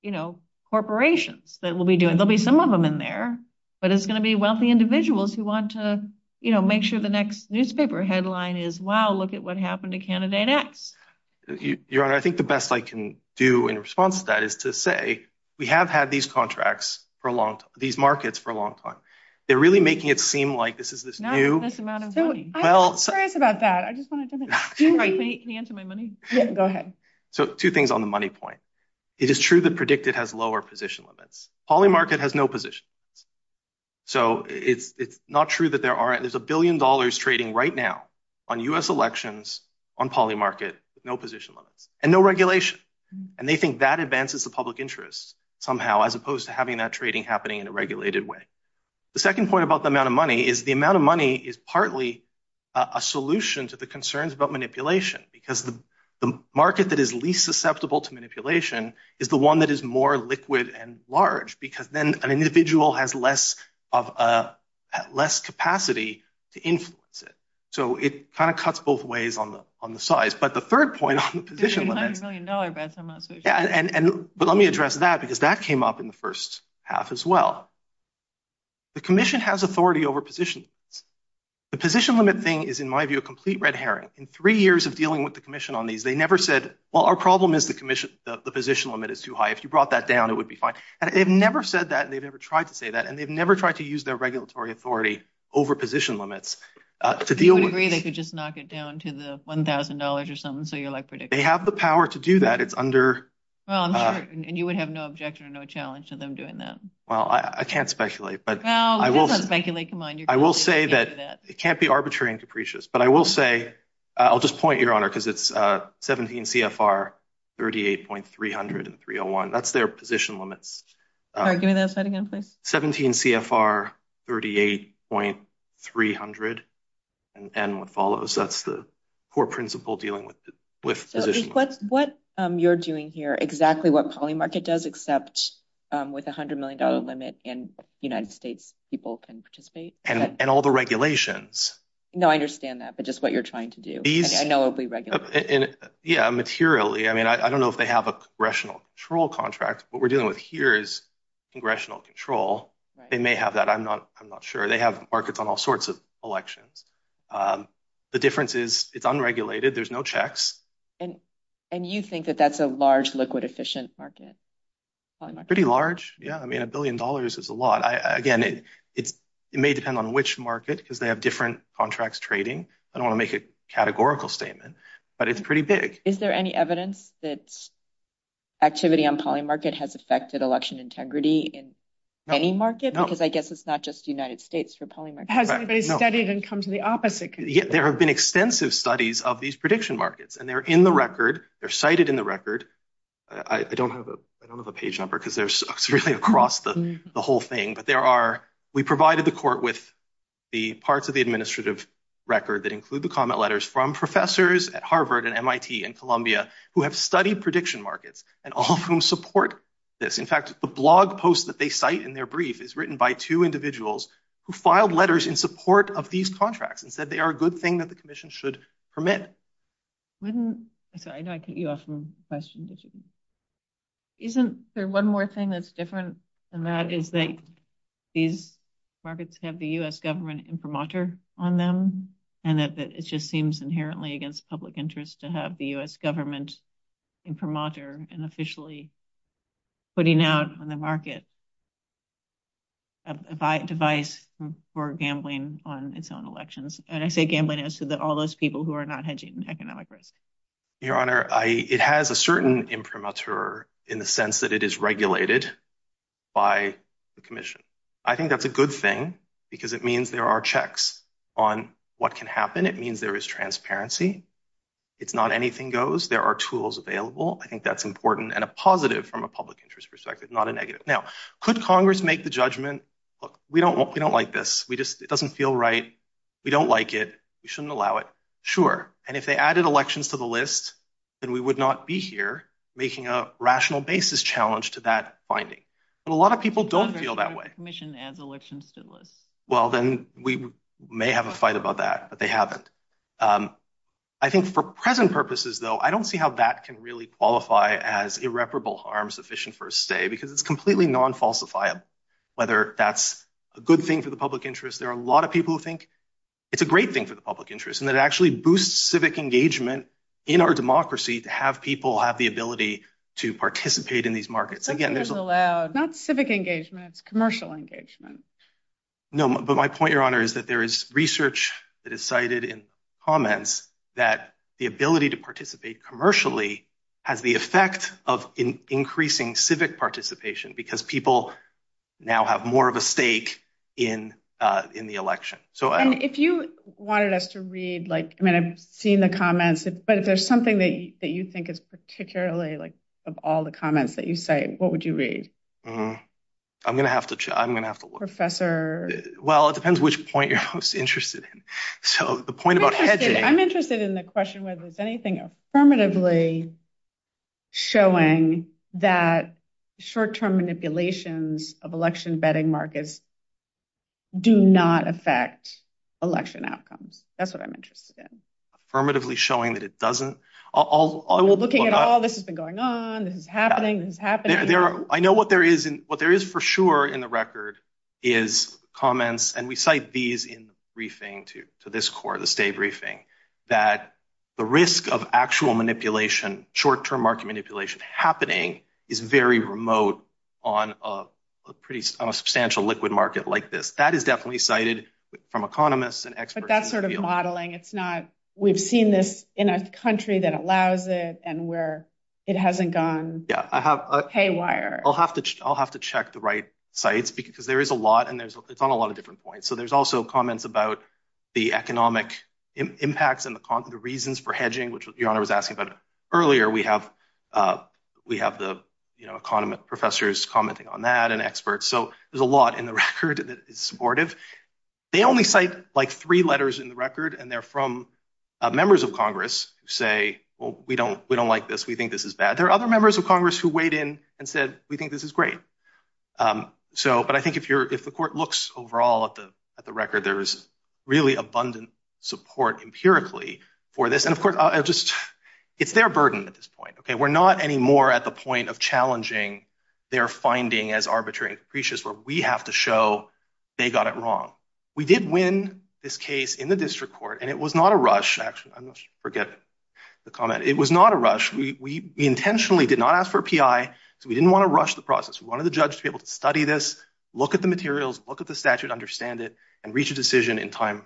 you know, corporations that will be doing... There'll be some of them in there, but it's going to be wealthy individuals who want to, you know, make sure the next newspaper headline is, wow, look at what happened to candidate X. Your Honor, I think the best I can do in response to that is to say, we have had these contracts for a long time, these markets for a long time. They're really making it seem like this is this new... Not in this amount of money. Well... Sorry about that. I just wanted to say that. Can you answer my money? Go ahead. So two things on the money point. It is true that predicted has lower position limits. Polymarket has no position. So it's not true that there aren't... There's a billion dollars trading right now on U.S. elections, on polymarket, with no position limit and no regulation. And they think that advances the public interest somehow, as opposed to having that trading happening in a regulated way. The second point about the amount of money is the amount of money is partly a solution to the concerns about manipulation. Because the market that is least susceptible to manipulation is the one that is more liquid and large, because then an individual has less capacity to influence it. So it kind of cuts both ways on the size. But the third point on the position limit... $300 million, right? But let me address that, because that came up in the first half as well. The commission has authority over position. The position limit thing is, in my view, a complete red herring. In three years of dealing with the commission on these, they never said, well, our problem is the position limit is too high. If you brought that down, it would be fine. And they've never said that. They've never tried to say that. And they've never tried to use their regulatory authority over position limits to deal with... They could just knock it down to the $1,000 or something, so you're like... They have the power to do that. It's under... And you would have no objection or no challenge to them doing that. Well, I can't speculate, but I will say that it can't be arbitrary and capricious. But I will say... I'll just point, Your Honor, because it's 17 CFR 38.300 and 301. That's their position limits. All right, give me that slide again, please. 17 CFR 38.300 and what follows. That's the core principle dealing with positions. What you're doing here, exactly what calling market does, except with a $100 million limit in the United States, people can participate. And all the regulations. No, I understand that. But just what you're trying to do. I know it'll be regulated. And yeah, materially. I mean, I don't know if they have a congressional control contract. What we're dealing with here is congressional control. They may have that. I'm not sure. They have markets on all sorts of elections. The difference is it's unregulated. There's no checks. And you think that that's a large liquid efficient market? Pretty large, yeah. I mean, a billion dollars is a lot. Again, it may depend on which market, because they have different contracts trading. I don't want to make a categorical statement, but it's pretty big. Is there any evidence that activity on calling market has affected election integrity in any market? Because I guess it's not just the United States for calling market. Has anybody studied and come to the opposite? There have been extensive studies of these prediction markets. And they're in the record. They're cited in the record. I don't have a page number, because they're strictly across the whole thing. We provided the court with the parts of the administrative record that include the comment letters from professors at Harvard and MIT and Columbia who have studied prediction markets and all of whom support this. In fact, the blog post that they cite in their brief is written by two individuals who filed letters in support of these contracts and said they are a good thing that the commission should permit. I know I can ask more questions. Isn't there one more thing that's different than that is that these markets have the U.S. government imprimatur on them, and that it just seems inherently against public interest to have the U.S. government imprimatur and officially putting out on the market a device for gambling on its own elections? And I say gambling, I said that all those people who are not hedging economic risk. Your Honor, it has a certain imprimatur in the sense that it is regulated by the commission. I think that's a good thing, because it means there are checks on what can happen. It means there is transparency. It's not anything goes. There are tools available. I think that's important and a positive from a public interest perspective, not a negative. Now, could Congress make the judgment, look, we don't like this, it doesn't feel right, we don't like it, we shouldn't allow it? Sure. And if they added elections to the list, then we would not be here making a rational basis challenge to that finding. But a lot of people don't feel that way. The commission adds elections to the list. Well, then we may have a fight about that, but they haven't. I think for present purposes, though, I don't see how that can really qualify as irreparable harm sufficient for a stay, because it's completely non-falsifiable. Whether that's a good thing for the public interest, there are a lot of people who think it's a great thing for the public interest, and it actually boosts civic engagement in our democracy to have people have the ability to participate in these markets. Something that's allowed, not civic engagement, it's commercial engagement. No, but my point, Your Honor, is that there is research that is cited in comments that the ability to participate commercially has the effect of increasing civic participation, because people now have more of a stake in the election. If you wanted us to read, I mean, I've seen the comments, but if there's something that you think is particularly, of all the comments that you say, what would you read? I'm going to have to look. Professor? Well, it depends which point you're most interested in. So the point about hedging- I'm interested in the question whether there's anything affirmatively showing that short-term manipulations of election betting markets do not affect election outcomes. That's what I'm interested in. Affirmatively showing that it doesn't. Looking at all this that's been going on, this is happening, this is happening. I know what there is for sure in the record is comments, and we cite these in the briefing to this court, this day briefing, that the risk of actual manipulation, short-term market manipulation, happening is very remote on a pretty substantial liquid market like this. That is definitely cited from economists and experts- But that's sort of modeling. It's not, we've seen this in a country that allows it, and where it hasn't gone haywire. I'll have to check the right sites, because there is a lot, and it's on a lot of different points. So there's also comments about the economic impacts and the reasons for hedging, which was asking, but earlier we have the economists, professors commenting on that, and experts. So there's a lot in the record that is supportive. They only cite like three letters in the record, and they're from members of Congress who say, well, we don't like this. We think this is bad. There are other members of Congress who weighed in and said, we think this is great. But I think if the court looks overall at the record, there is really abundant support empirically for this. Of course, it's their burden at this point. We're not anymore at the point of challenging their finding as arbitrary and capricious, where we have to show they got it wrong. We did win this case in the district court, and it was not a rush. Forgive the comment. It was not a rush. We intentionally did not ask for a PI, so we didn't want to rush the process. We wanted the judge to be able to study this, look at the materials, look at the statute, understand it, and reach a decision in time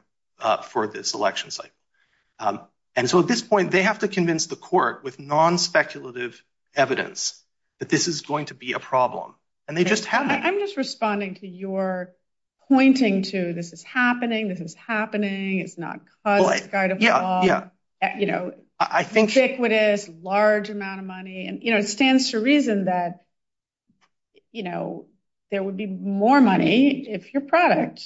for this election cycle. And so at this point, they have to convince the court with non-speculative evidence that this is going to be a problem. And they just haven't. I'm just responding to your pointing to this is happening, this is happening, it's not cutting the sky to fall, ubiquitous, large amount of money. And it stands to reason that there would be more money if your product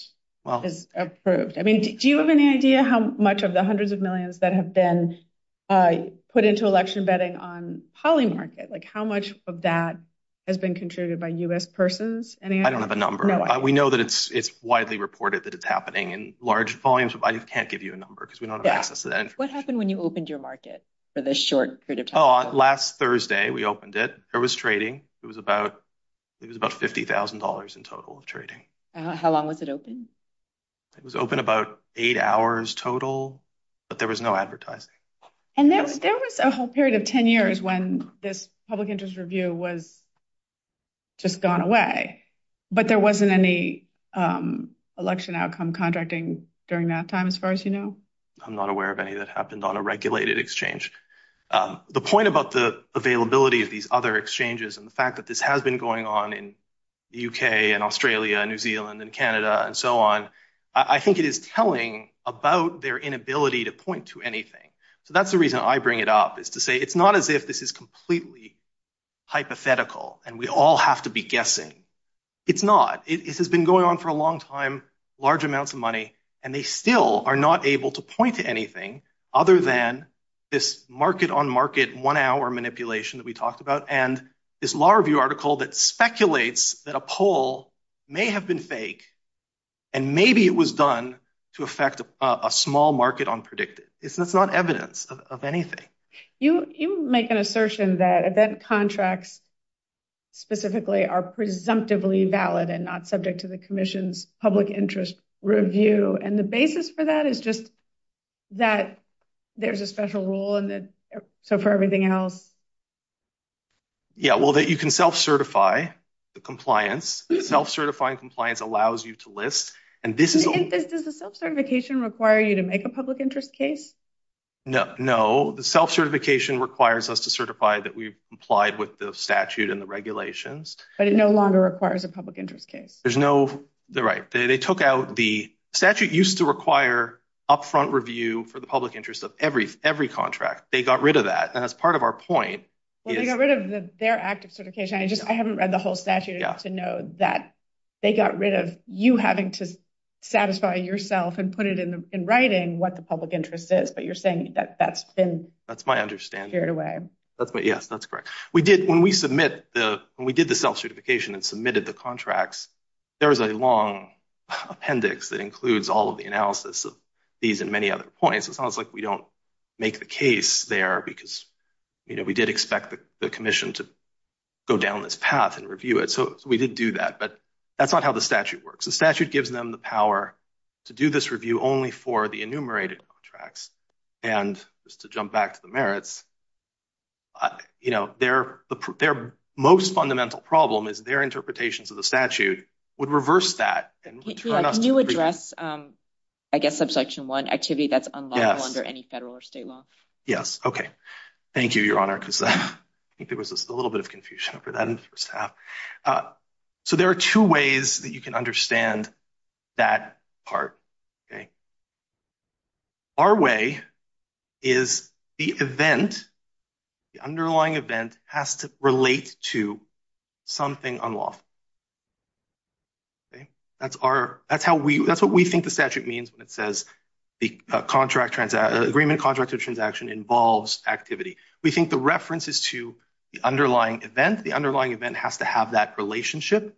is approved. Do you have any idea how much of the hundreds of millions that have been put into election vetting on polymarket? How much of that has been contributed by U.S. persons? I don't have a number. We know that it's widely reported that it's happening in large volumes, but I can't give you a number because we don't have access to that information. What happened when you opened your market for this short period of time? Last Thursday, we opened it. There was trading. It was about $50,000 in total of trading. How long was it open? It was open about eight hours total, but there was no advertising. And there was a whole period of 10 years when this public interest review was just gone away, but there wasn't any election outcome contracting during that time, as far as you know? I'm not aware of any that happened on a regulated exchange. The point about the availability of these other exchanges and the fact that this has been going on in the U.K. and Australia and New Zealand and Canada and so on, I think it is telling about their inability to point to anything. So that's the reason I bring it up, is to say it's not as if this is completely hypothetical and we all have to be guessing. It's not. It has been going on for a long time, large amounts of money, and they still are not able to point to anything other than this market-on-market one-hour manipulation that we talked about and this law review article that speculates that a poll may have been fake and maybe it was done to affect a small market on predicted. It's not evidence of anything. You make an assertion that event contracts specifically are presumptively valid and not subject to the commission's public interest review, and the basis for that is just that there's a special rule and so for everything else. Yeah, well, that you can self-certify the compliance. Self-certifying compliance allows you to list, and this is... And does the self-certification require you to make a public interest case? No, the self-certification requires us to certify that we've complied with the statute and the regulations. But it no longer requires a public interest case. There's no... Right. They took out the... Statute used to require upfront review for the public interest of every contract. They got rid of that, and that's part of our point. Well, they got rid of their active certification. I just... I haven't read the whole statute enough to know that they got rid of you having to satisfy yourself and put it in writing what the public interest is, but you're saying that that's been... That's my understanding. ...steered away. That's what... Yes, that's correct. We did... When we submit the... When we did the self-certification and submitted the contracts, there was a long appendix that includes all of the analysis of these and many other points. It sounds like we don't make the case there because we did expect the commission to go down this path and review it. So we did do that, but that's not how the statute works. The statute gives them the power to do this review only for the enumerated contracts. And just to jump back to the merits, their most fundamental problem is their interpretations of the statute would reverse that and turn up... Can you address, I guess, subsection one, activity that's unlawful under any federal or state law? Yes. Okay. Thank you, Your Honor, because I think there was just a little bit of confusion after that. So there are two ways that you can understand that part. Our way is the event, the underlying event, has to relate to something unlawful. Okay. That's what we think the statute means when it says the agreement, contract, or transaction involves activity. We think the reference is to the underlying event. The underlying event has to have that relationship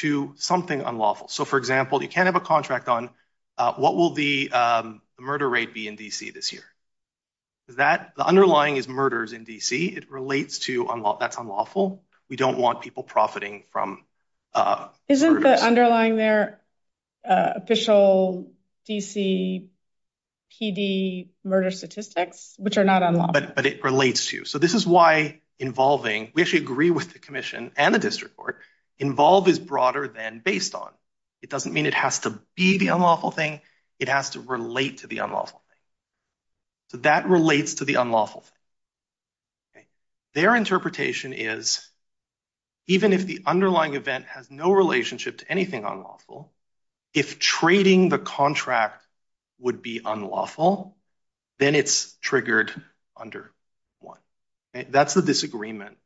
to something unlawful. So, for example, you can't have a contract on what will the murder rate be in D.C. this year. The underlying is murders in D.C. It relates to that's unlawful. We don't want people profiting from... Isn't the underlying there official D.C. PD murder statistics, which are not unlawful? But it relates to. So this is why involving... We actually agree with the commission and the district court. Involve is broader than based on. It doesn't mean it has to be the unlawful thing. It has to relate to the unlawful thing. So that relates to the unlawful thing. Okay. Their interpretation is even if the underlying event has no relationship to anything unlawful, if trading the contract would be unlawful, then it's triggered under one. That's the disagreement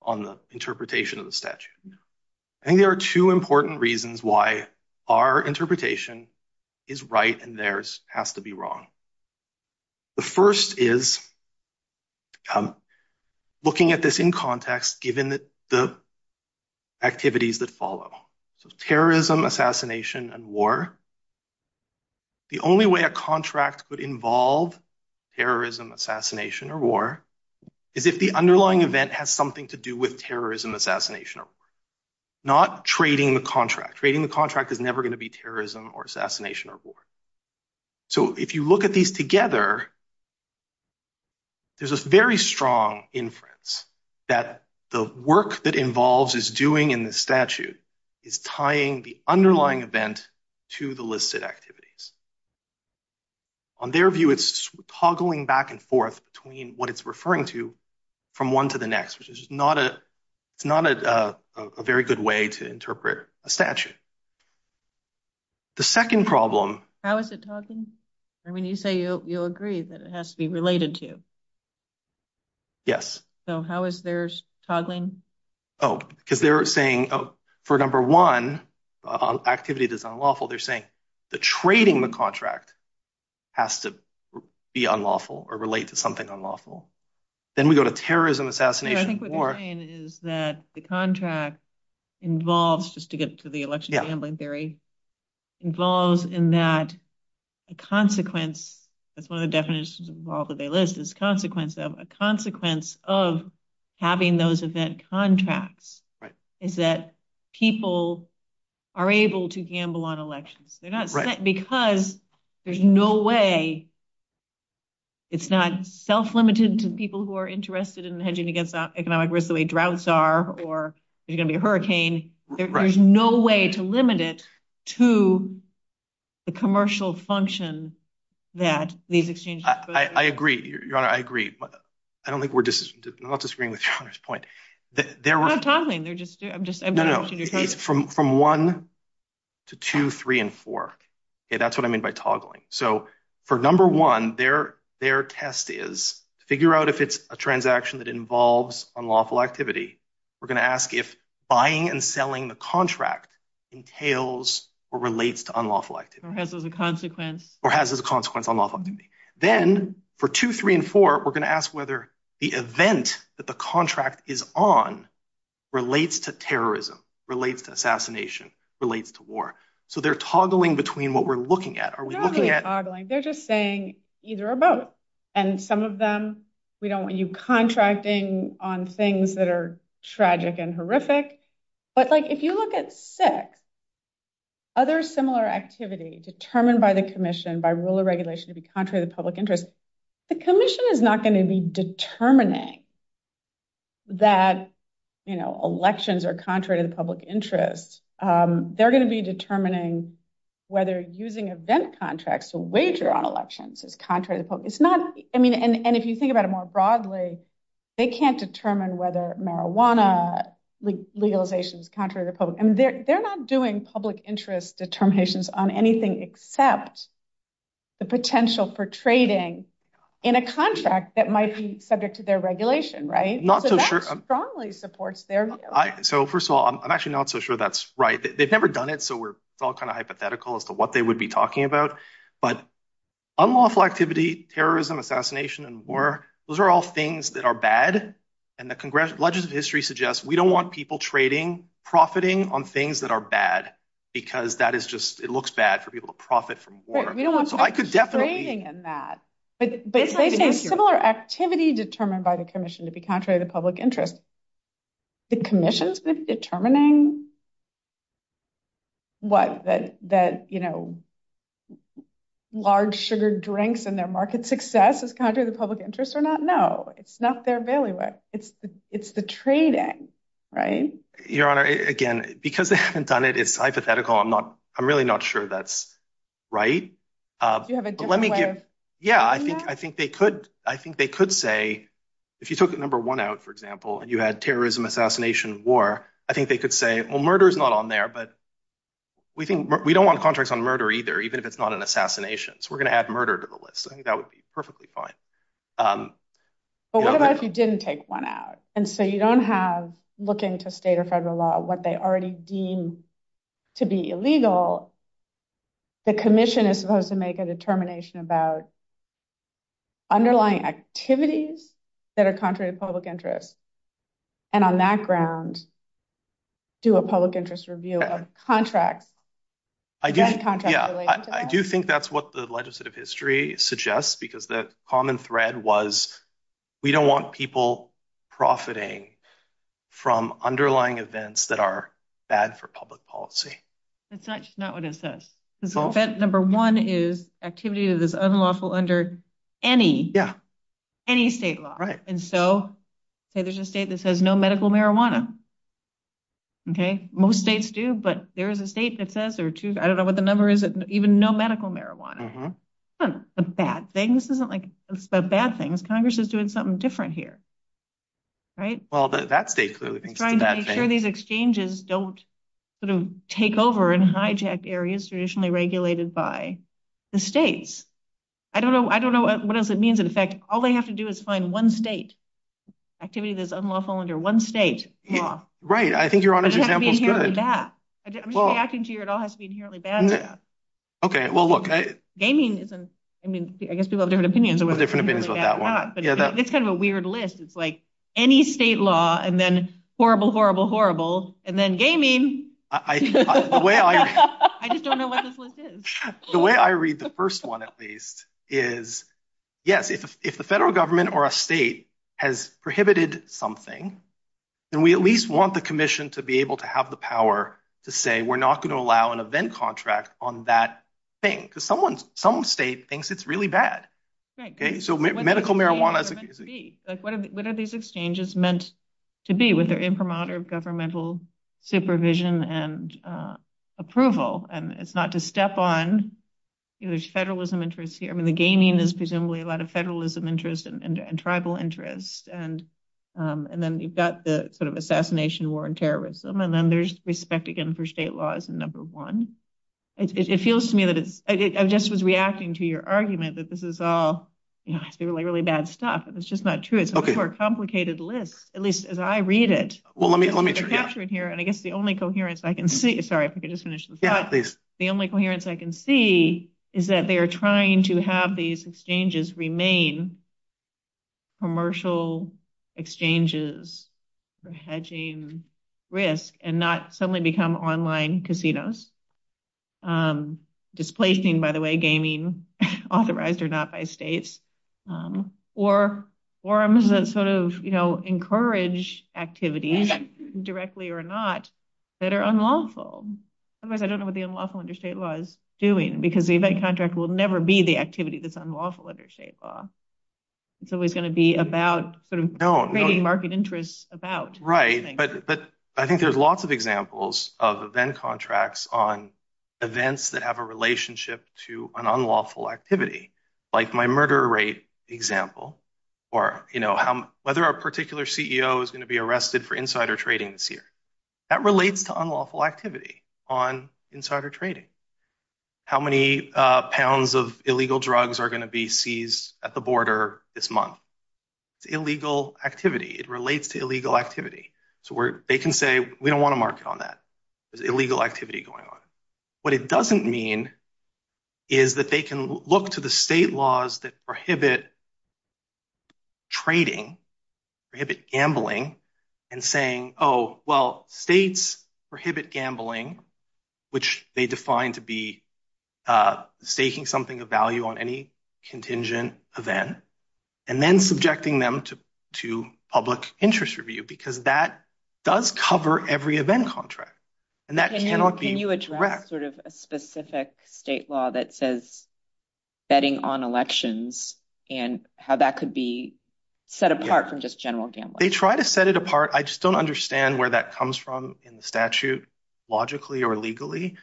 on the interpretation of the statute. And there are two important reasons why our interpretation is right and theirs has to be wrong. The first is looking at this in context, given the activities that follow. So terrorism, assassination, and war. The only way a contract could involve terrorism, assassination, or war is if the underlying event has something to do with terrorism, assassination, or war, not trading the contract. Trading the contract is never going to be terrorism or assassination or war. So if you look at these together, there's a very strong inference that the work that Involves is doing in the statute is tying the underlying event to the listed activities. On their view, it's toggling back and forth between what it's referring to from one to the next, which is not a very good way to interpret a statute. The second problem. How is it toggling? I mean, you say you'll agree that it has to be related to. Yes. So how is theirs toggling? Oh, because they're saying, for number one, activity that's unlawful, they're saying that trading the contract has to be unlawful or relate to something unlawful. Then we go to terrorism, assassination, or war. I think what they're saying is that the contract involves, just to get to the election gambling theory, involves in that a consequence. That's one of the definitions of all that they list is consequence of a consequence of having those event contracts is that people are able to gamble on elections. They're not because there's no way. It's not self-limited to people who are interested in hedging against economic risk, the way droughts are, or there's going to be a hurricane. There's no way to limit it to the commercial function that these exchanges. I agree. I agree. I don't think we're disagreeing with your point. We're not toggling. They're just, I'm just, I'm not sure you're taking it. From one to two, three, and four. That's what I mean by toggling. So for number one, their test is figure out if it's a transaction that involves unlawful activity. We're going to ask if buying and selling the contract entails or relates to unlawful activity. Or has as a consequence. Or has as a consequence unlawful activity. Then for two, three, and four, we're going to ask whether the event that the contract is on relates to terrorism, relates to assassination, relates to war. So they're toggling between what we're looking at. Are we looking at- They're not toggling. They're just saying either or both. And some of them, we don't want you contracting on things that are tragic and horrific. But like, if you look at six, other similar activities determined by the commission by rule of regulation to be contrary to the public interest, the commission is not going to be determining that, you know, elections are contrary to the public interest. They're going to be determining whether using event contracts to wager on elections is contrary to the public interest. It's not- I mean, and if you think about it more broadly, they can't determine whether marijuana legalization is contrary to the public interest. And they're not doing public interest determinations on anything except the potential for trading in a contract that might be subject to their regulation, right? I'm not so sure- So that strongly supports their- So first of all, I'm actually not so sure that's right. They've never done it. So we're all kind of hypothetical as to what they would be talking about. But unlawful activity, terrorism, assassination, and war, those are all things that are bad. And the legislative history suggests we don't want people trading, profiting on things that are bad because that is just- it looks bad for people to profit from war. Right, we don't want people trading in that. So I could definitely- But trading is similar activity determined by the commission to be contrary to the public interest. The commission's determining what? Large sugar drinks and their market success is contrary to public interest or not? No, it's not their bailiwick. It's the trading, right? Your Honor, again, because they haven't done it, it's hypothetical. I'm really not sure that's right. Do you have a different way of saying that? Yeah, I think they could say, if you took the number one out, for example, you had terrorism, assassination, war, I think they could say, well, murder is not on there, but we don't want contracts on murder either, even if it's not an assassination. So we're going to add murder to the list. I think that would be perfectly fine. But what about if you didn't take one out? And so you don't have- look into state or federal law, what they already deem to be illegal. The commission is supposed to make a determination about underlying activities that are contrary to public interest. And on that ground, do a public interest review of contracts, any contracts related to that. I do think that's what the legislative history suggests, because the common thread was, we don't want people profiting from underlying events that are bad for public policy. That's not what it says. Number one is activity that is unlawful under any state law. And so there's a state that says no medical marijuana. Most states do, but there's a state that says, or two, I don't know what the number is, that even no medical marijuana. That's not a bad thing. This isn't a bad thing. Congress is doing something different here. Well, that state clearly thinks it's a bad thing. I'm trying to make sure these exchanges don't sort of take over and hijack areas traditionally regulated by the states. I don't know what else it means. All they have to do is find one state. Activity that is unlawful under one state law. Right. I think you're on a good track. I'm just asking to hear it all has to be inherently bad. Okay. Well, look, gaming is, I mean, I guess we all have different opinions. We all have different opinions about that one. But it's kind of a weird list. It's like any state law, and then horrible, horrible, horrible, and then gaming. I just don't know what this list is. The way I read the first one, at least, is, yes, if the federal government or a state has prohibited something, then we at least want the commission to be able to have the power to say, we're not going to allow an event contract on that thing. Because someone, some state thinks it's really bad. Okay. So medical marijuana. What are these exchanges meant to be with their imprimatur of governmental supervision and approval? And it's not to step on, you know, there's federalism interest here. I mean, the gaming is presumably a lot of federalism interest and tribal interest. And then you've got the sort of assassination war and terrorism. And then there's respect, again, for state law is the number one. It feels to me that it's, I just was reacting to your argument that this is all, you know, really, really bad stuff. And it's just not true. It's a more complicated list, at least as I read it. Well, let me, let me. And I guess the only coherence I can see, sorry, the only coherence I can see is that they are trying to have these exchanges remain commercial exchanges for hedging risk and not suddenly become online casinos. Displacing, by the way, gaming authorized or not by states. Or forums that sort of, you know, encourage activities, directly or not, that are unlawful. Otherwise, I don't know what the unlawful under state law is doing, because the event contract will never be the activity that's unlawful under state law. It's always going to be about creating market interest about. Right. But I think there's lots of examples of event contracts on events that have a relationship to an unlawful activity, like my murder rate example, or, you know, whether a particular CEO is going to be arrested for insider trading this year. That relates to unlawful activity on insider trading. How many pounds of illegal drugs are going to be seized at the border this month? Illegal activity. It relates to illegal activity. So they can say, we don't want to market on that. There's illegal activity going on. What it doesn't mean is that they can look to the state laws that prohibit trading, prohibit gambling, and saying, oh, well, states prohibit gambling, which they define to be staking something of value on any contingent event, and then subjecting them to public interest review, because that does cover every event contract. And that cannot be correct. Can you address sort of a specific state law that says betting on elections and how that could be set apart from just general gambling? They try to set it apart. I just don't understand where that comes from in the statute, logically or legally.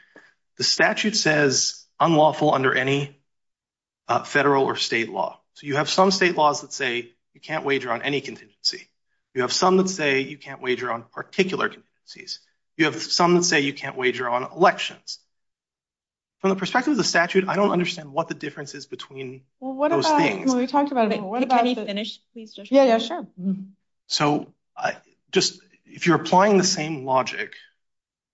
The statute says unlawful under any federal or state law. So you have some state laws that say you can't wager on any contingency. You have some that say you can't wager on particular contingencies. You have some that say you can't wager on elections. From the perspective of the statute, I don't understand what the difference is between those things. Well, what about when we talked about it, can you finish, please, Joshua? Yeah, yeah, sure. So just if you're applying the same logic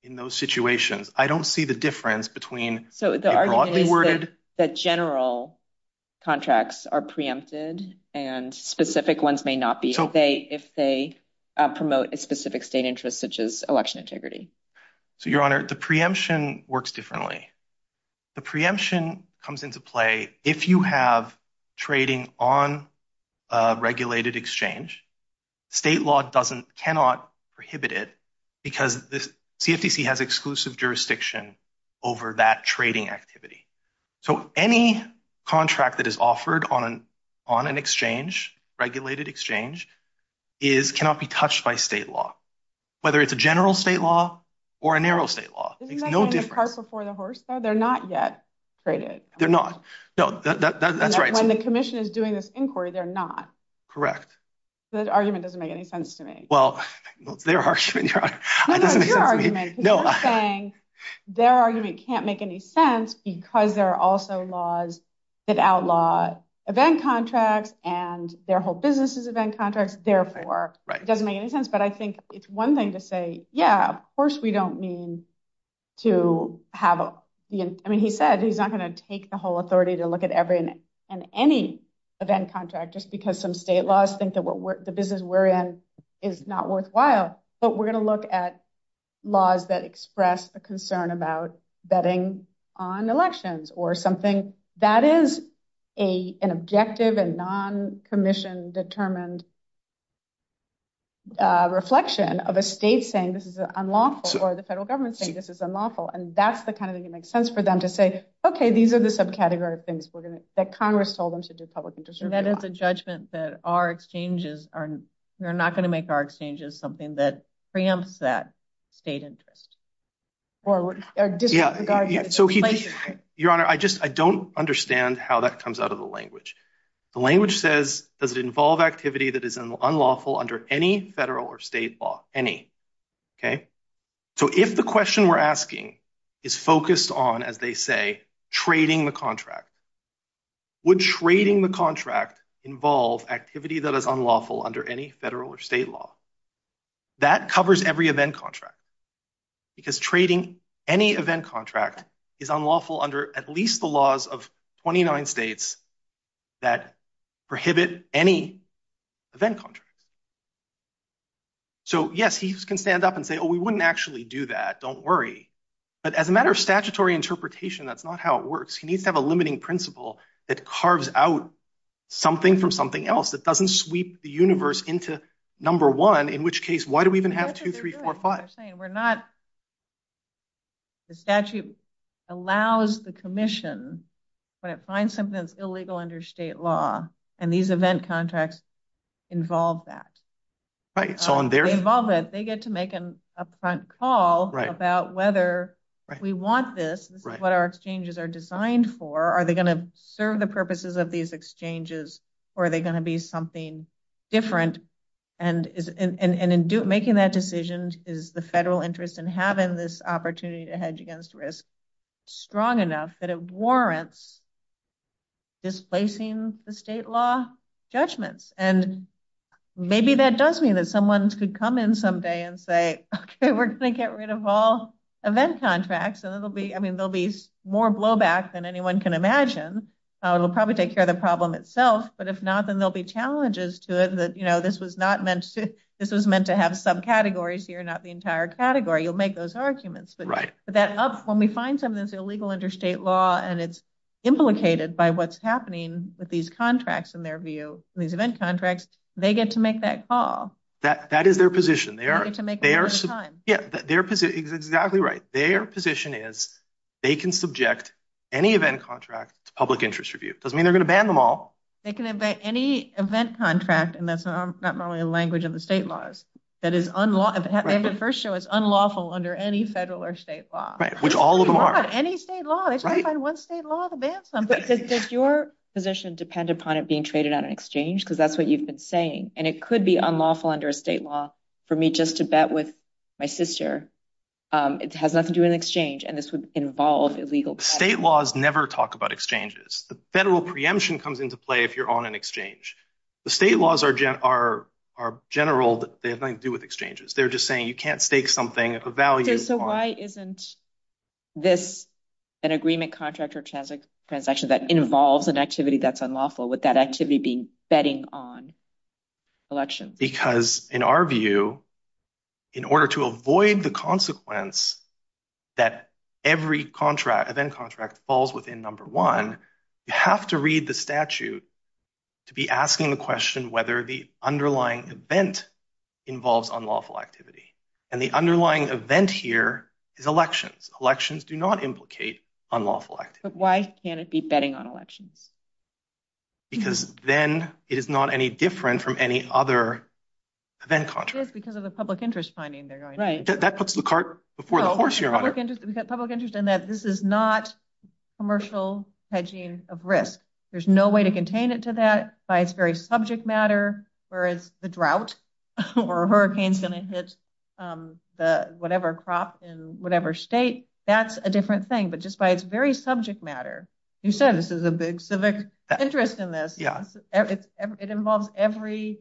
in those situations, I don't see the difference between a broadly worded- So the argument is that general contracts are preempted and specific ones may not be, if they promote a specific state interest, such as election integrity. So, Your Honor, the preemption works differently. The preemption comes into play if you have trading on a regulated exchange. State law cannot prohibit it because the CSCC has exclusive jurisdiction over that trading activity. So any contract that is offered on an exchange, regulated exchange, cannot be touched by state law, whether it's a general state law or a narrow state law. Isn't that saying the cart before the horse, though? They're not yet traded. They're not. No, that's right. When the commission is doing this inquiry, they're not. Correct. This argument doesn't make any sense to me. Well, their argument- No, no, your argument is saying their argument can't make any sense because there are also laws that outlaw event contracts and their whole business' event contracts. Therefore, it doesn't make any sense. But I think it's one thing to say, yeah, of course we don't mean to have- I mean, he said he's not going to take the whole authority to look at every and any event contract just because some state laws think that the business we're in is not worthwhile. But we're going to look at laws that express a concern about betting on elections or something. That is an objective and non-commissioned determined reflection of a state saying this is unlawful or the federal government saying this is unlawful. And that's the kind of thing that makes sense for them to say, okay, these are the subcategories things that Congress told them to do public interest- That is a judgment that our exchanges are not going to make our exchanges something that preempts that state interest. Your Honor, I just, I don't understand how that comes out of the language. The language says, does it involve activity that is unlawful under any federal or state law? Any. Okay. So if the question we're asking is focused on, as they say, trading the contract, would trading the contract involve activity that is unlawful under any federal or state law? That covers every event contract. Because trading any event contract is unlawful under at least the laws of 29 states that prohibit any event contract. So yes, he can stand up and say, oh, we wouldn't actually do that. Don't worry. But as a matter of statutory interpretation, that's not how it works. He needs to have a limiting principle that carves out something from something else that doesn't sweep the universe into number one, in which case, why do we even have two, three, four, We're not, the statute allows the commission to find something that's illegal under state law. And these event contracts involve that. Right. So on their- Involvement, they get to make an upfront call about whether we want this, what our exchanges are designed for. Are they going to serve the purposes of these exchanges? Are they going to be something different? And in making that decision is the federal interest in having this opportunity to hedge against risk strong enough that it warrants displacing the state law judgments. And maybe that does mean that someone could come in someday and say, okay, we're going to get rid of all event contracts. And it'll be, I mean, there'll be more blowback than anyone can imagine. It'll probably take care of the problem itself. But if not, then there'll be challenges to it. That this was not meant to, this was meant to have subcategories here, not the entire category. You'll make those arguments. But that up, when we find something that's illegal under state law, and it's implicated by what's happening with these contracts in their view, these event contracts, they get to make that call. That is their position. They are- They get to make that first time. Yeah. Their position is exactly right. Their position is they can subject any event contract to public interest review. It doesn't mean they're going to ban them all. They can invent any event contract. And that's not normally the language of the state laws. That is unlawful. And the first show is unlawful under any federal or state law. Right. Which all of them are. Any state law. They can't find one state law to ban something. Does your position depend upon it being traded on an exchange? Because that's what you've been saying. And it could be unlawful under state law for me just to bet with my sister. It has nothing to do with an exchange. And this would involve illegal- State laws never talk about exchanges. The federal preemption comes into play if you're on an exchange. The state laws are general, but they have nothing to do with exchanges. They're just saying you can't stake something if a value- So why isn't this an agreement contract or transaction that involves an activity that's unlawful with that activity being betting on? Election. Because in our view, in order to avoid the consequence that every event contract falls within number one, you have to read the statute to be asking the question whether the underlying event involves unlawful activity. And the underlying event here is elections. Elections do not implicate unlawful activity. But why can't it be betting on election? Because then it is not any different from any other event contract. It is because of the public interest finding they're going to- Right. That puts the cart before the horse here. Well, public interest in that this is not commercial hedging of risk. There's no way to contain it to that by its very subject matter, whereas the drought or a hurricane's going to hit the whatever crop in whatever state, that's a different thing. But just by its very subject matter, you said this is a big civic interest in this. It involves every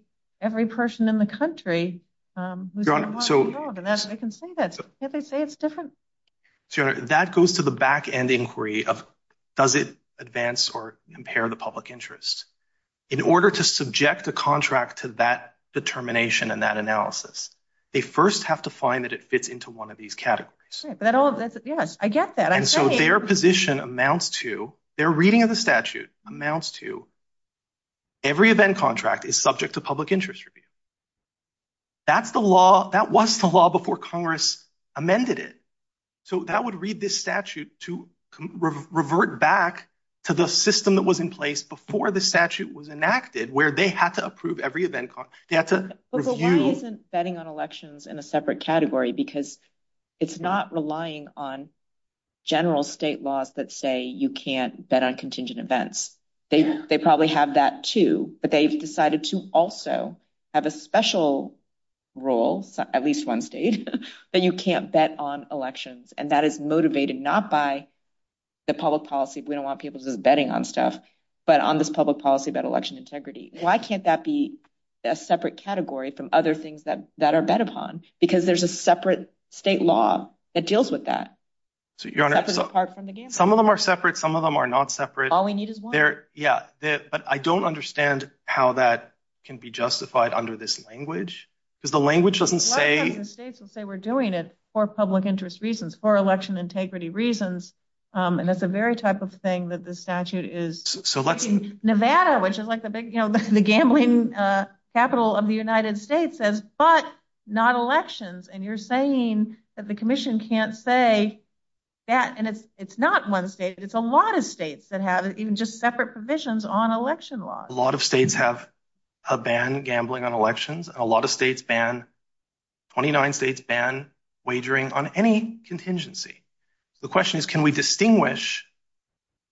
person in the country who's involved in the organization. I can see that. Can't they say it's different? Sure. That goes to the back-end inquiry of does it advance or impair the public interest? In order to subject the contract to that determination and that analysis, they first have to find that it fits into one of these categories. Right. But all of this- Yes. I get that. Their position amounts to, their reading of the statute amounts to every event contract is subject to public interest review. That's the law. That was the law before Congress amended it. That would read this statute to revert back to the system that was in place before the statute was enacted where they have to approve every event. They have to review- But why isn't betting on elections in a separate category? Because it's not relying on general state laws that say you can't bet on contingent events. They probably have that too, but they've decided to also have a special rule, at least one state, that you can't bet on elections. That is motivated not by the public policy. We don't want people to do betting on stuff, but on this public policy about election integrity. Why can't that be a separate category from other things that are bet upon? Because there's a separate state law that deals with that. To be honest, some of them are separate. Some of them are not separate. All we need is one. Yeah, but I don't understand how that can be justified under this language. Because the language doesn't say- A lot of states will say we're doing it for public interest reasons, for election integrity reasons. And that's the very type of thing that the statute is- Nevada, which is like the gambling capital of the United States says, but not elections. And you're saying that the commission can't say that. And it's not one state. It's a lot of states that have even just separate provisions on election laws. A lot of states have a ban, gambling on elections. A lot of states ban, 29 states ban wagering on any contingency. The question is, can we distinguish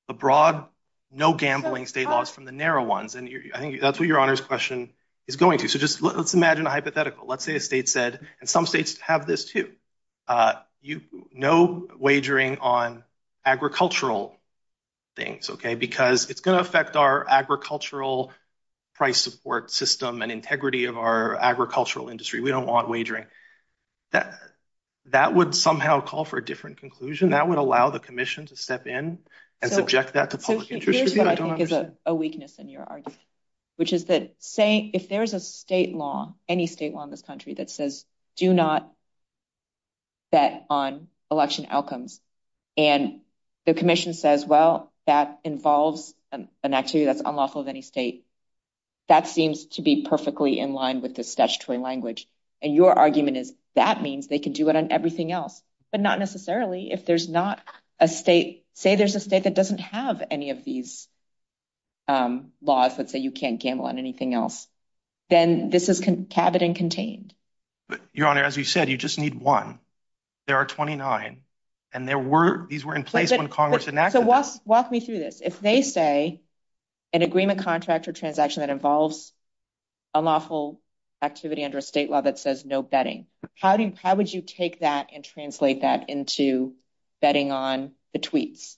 the broad, no gambling state laws from the narrow ones? And I think that's what your honor's question is going to. So just let's imagine a hypothetical. Let's say a state said, and some states have this too. No wagering on agricultural things, okay? Because it's going to affect our agricultural price support system and integrity of our agricultural industry. We don't want wagering. That would somehow call for a different conclusion. That would allow the commission to step in and subject that to public interest. Here's what I think is a weakness in your argument, which is that if there's a state law, any state law in this country that says, do not bet on election outcomes. And the commission says, well, that involves, and actually that's unlawful of any state. That seems to be perfectly in line with this statutory language. And your argument is that means they can do it on everything else, but not necessarily if there's not a state, say there's a state that doesn't have any of these laws, let's say you can't gamble on anything else. Then this is tabid and contained. But your honor, as you said, you just need one. There are 29 and there were, these were in place when Congress enacted. So walk me through this. If they say an agreement contract or transaction that involves unlawful activity under a state law that says no betting, how do you, how would you take that and translate that into betting on the tweets?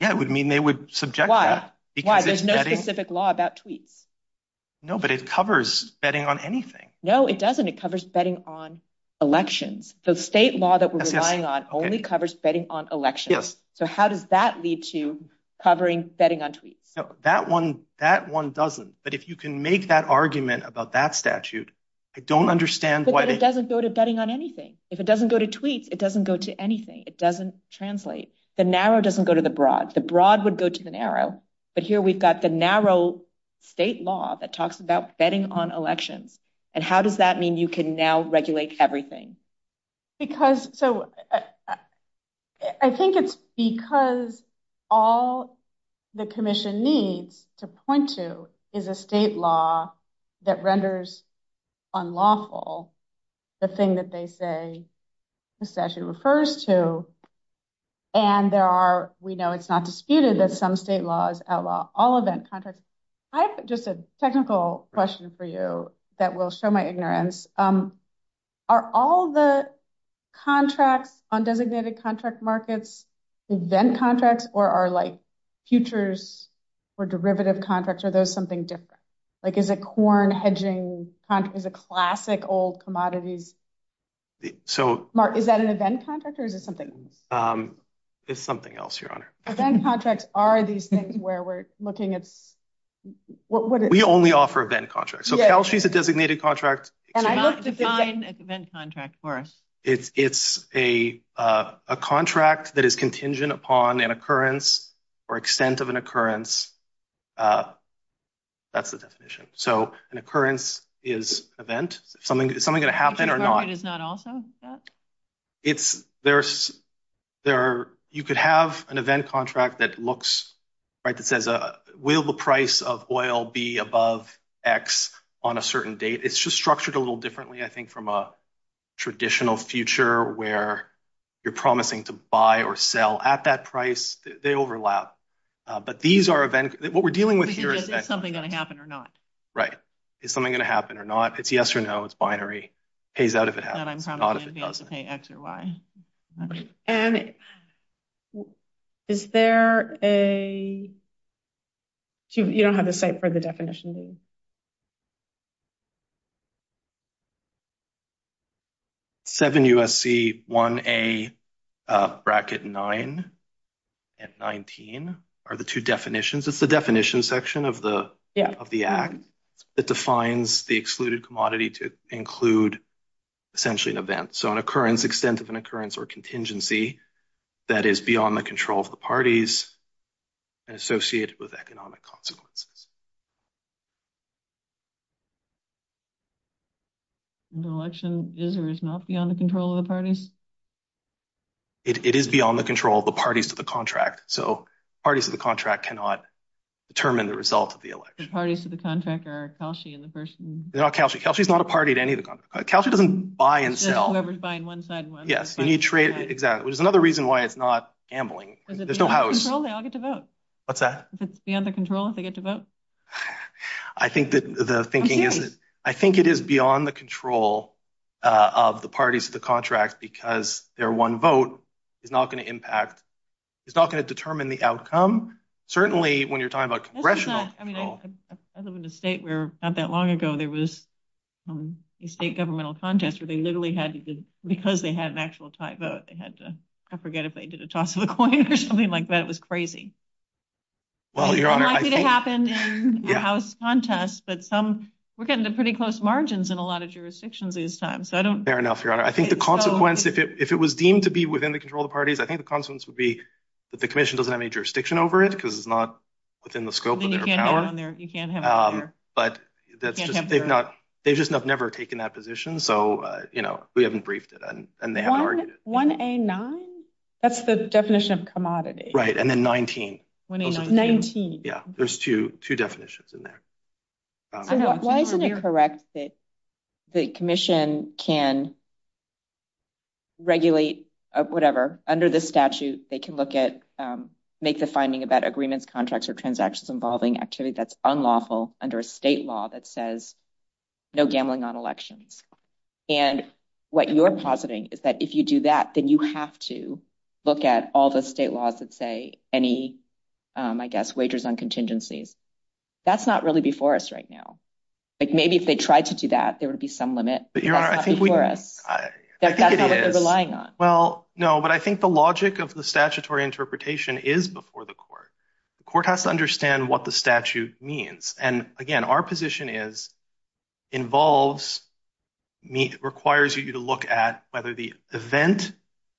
Yeah, it would mean they would subject that. Why? Why? There's no specific law about tweets. No, but it covers betting on anything. No, it doesn't. It covers betting on elections. The state law that we're relying on only covers betting on elections. So how does that lead to covering betting on tweets? No, that one, that one doesn't. But if you can make that argument about that statute, I don't understand why. But it doesn't go to betting on anything. If it doesn't go to tweets, it doesn't go to anything. It doesn't translate. The narrow doesn't go to the broad. The broad would go to the narrow. But here we've got the narrow state law that talks about betting on elections. And how does that mean you can now regulate everything? Because, so I think it's because all the commission needs to point to is a state law that renders unlawful the thing that they say the statute refers to. And there are, we know it's not disputed that some state laws outlaw all event contracts. I have just a technical question for you that will show my ignorance. Are all the contracts on designated contract markets event contracts? Or are like futures or derivative contracts? Are those something different? Like is it corn hedging, is it classic old commodities? So, Mark, is that an event contract or is it something? It's something else, Your Honor. Event contracts are these things where we're looking at, what is it? We only offer event contracts. So, Cal, she's a designated contract. And I looked at the event contract for us. It's a contract that is contingent upon an occurrence or extent of an occurrence. That's the definition. So, an occurrence is event. Is something going to happen or not? It's, there's, you could have an event contract that looks, right, that says, will the price of oil be above X on a certain date? It's just structured a little differently, I think, from a traditional future where you're promising to buy or sell at that price. They overlap. But these are events. What we're dealing with here is that. Is something going to happen or not? Right. Is something going to happen or not? It's yes or no. It's binary. Pays out if it has to, not if it doesn't. And I'm trying to understand if it has to pay X or Y. And is there a, you don't have a site for the definition, do you? 7 U.S.C. 1A bracket 9 and 19 are the two definitions. It's the definition section of the Act that defines the excluded commodity to include essentially an event. So, an occurrence, extent of an occurrence or contingency that is beyond the control of the parties and associated with economic consequences. And the election is or is not beyond the control of the parties? It is beyond the control of the parties to the contract. So, parties to the contract cannot. Determine the result of the election parties to the contractor. Kelsey and the person. They're not Kelsey. Kelsey is not a party to any of the council doesn't buy and sell. Whoever's buying one side. Yes, when you trade. Exactly. There's another reason why it's not gambling. There's no control. They all get to vote. What's that? If it's beyond the control, if they get to vote. I think that the thinking is, I think it is beyond the control. Of the parties to the contract because their one vote is not going to impact. It's not going to determine the outcome. Certainly, when you're talking about congressional. As a state, we're not that long ago. There was a state governmental contest where they literally had because they had an actual type of, they had to. I forget if they did a toss of a coin or something like that. It was crazy. Well, your honor, I think it happened. Yeah, I was contest, but some we're getting to pretty close margins in a lot of jurisdictions these times. So, I don't fair enough. Your honor, I think the consequence, if it was deemed to be within the control of the parties, I think the consequence would be that the commission doesn't have any jurisdiction over it because it's not within the scope of their power. But they've not, they just have never taken that position. So, we haven't briefed it and they haven't argued it. 1A9, that's the definition of commodity. Right. And then 19. 19. Yeah, there's two definitions in there. Why is it correct that the commission can regulate whatever under the statute, they can look at, make the finding about agreements, contracts or transactions involving actually that's unlawful under a state law that says no gambling on elections. And what you're positing is that if you do that, then you have to look at all the state laws that say any, I guess, wagers on contingencies. That's not really before us right now. Maybe if they tried to do that, there would be some limit. But your honor, I think we- That's not what they're relying on. Well, no, but I think the logic of the statutory interpretation is before the court. The court has to understand what the statute means. And again, our position is involves, requires you to look at whether the event,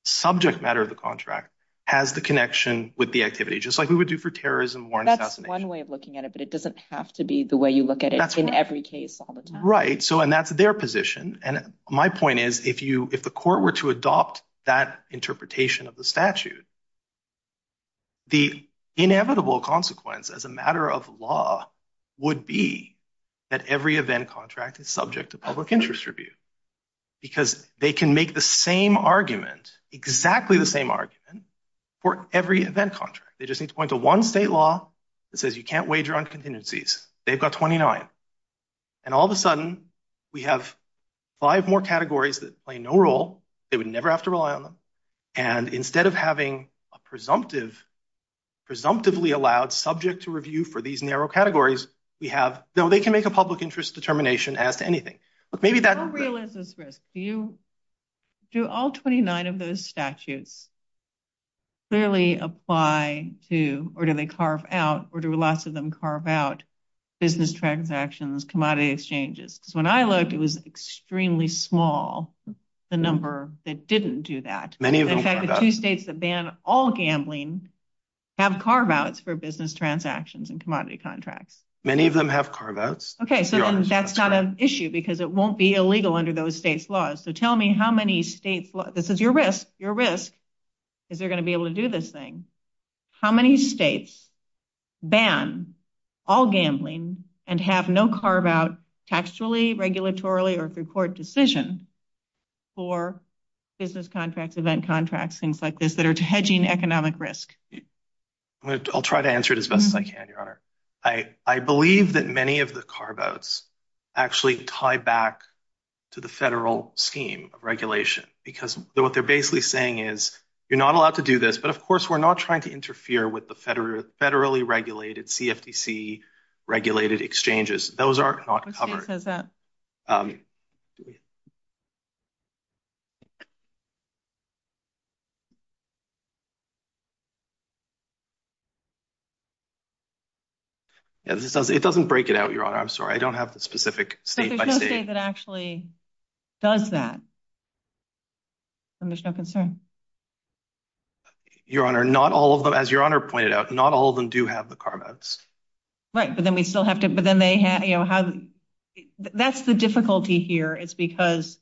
subject matter of the contract has the connection with the activity, just like we would do for terrorism, war and assassination. One way of looking at it, but it doesn't have to be the way you look at it in every case all the time. Right. So, and that's their position. And my point is, if you, if the court were to adopt that interpretation of the statute, the inevitable consequence as a matter of law would be that every event contract is subject to public interest review because they can make the same argument, exactly the same argument for every event contract. They just need to point to one state law that says you can't wager on contingencies. They've got 29. And all of a sudden we have five more categories that play no role. They would never have to rely on them. And instead of having a presumptive, presumptively allowed subject to review for these narrow categories, we have, though they can make a public interest determination as to anything, but maybe that- What real is this risk? Do you, do all 29 of those statutes clearly apply to, or do they carve out, or do lots of them carve out business transactions, commodity exchanges? Because when I looked, it was extremely small, the number that didn't do that. Many of them- In fact, the two states that ban all gambling have carve outs for business transactions and commodity contracts. Many of them have carve outs. Okay, so then that's not an issue because it won't be illegal under those states' So tell me how many states- This is your risk. Your risk is you're going to be able to do this thing. How many states ban all gambling and have no carve out taxually, regulatorily, or through court decision for business contracts, event contracts, things like this that are hedging economic risk? I'll try to answer it as best as I can, Your Honor. I believe that many of the carve outs actually tie back to the federal scheme of regulation because what they're basically saying is, you're not allowed to do this, but of course, we're not trying to interfere with the federally regulated CFTC regulated exchanges. Those are not covered. It doesn't break it out, Your Honor. I'm sorry. I don't have the specific state by state. But there's no state that actually does that, and there's no concern. Your Honor, not all of them, as Your Honor pointed out, not all of them do have the carve outs. Right, but then we still have to- But then they have- That's the difficulty here. It's because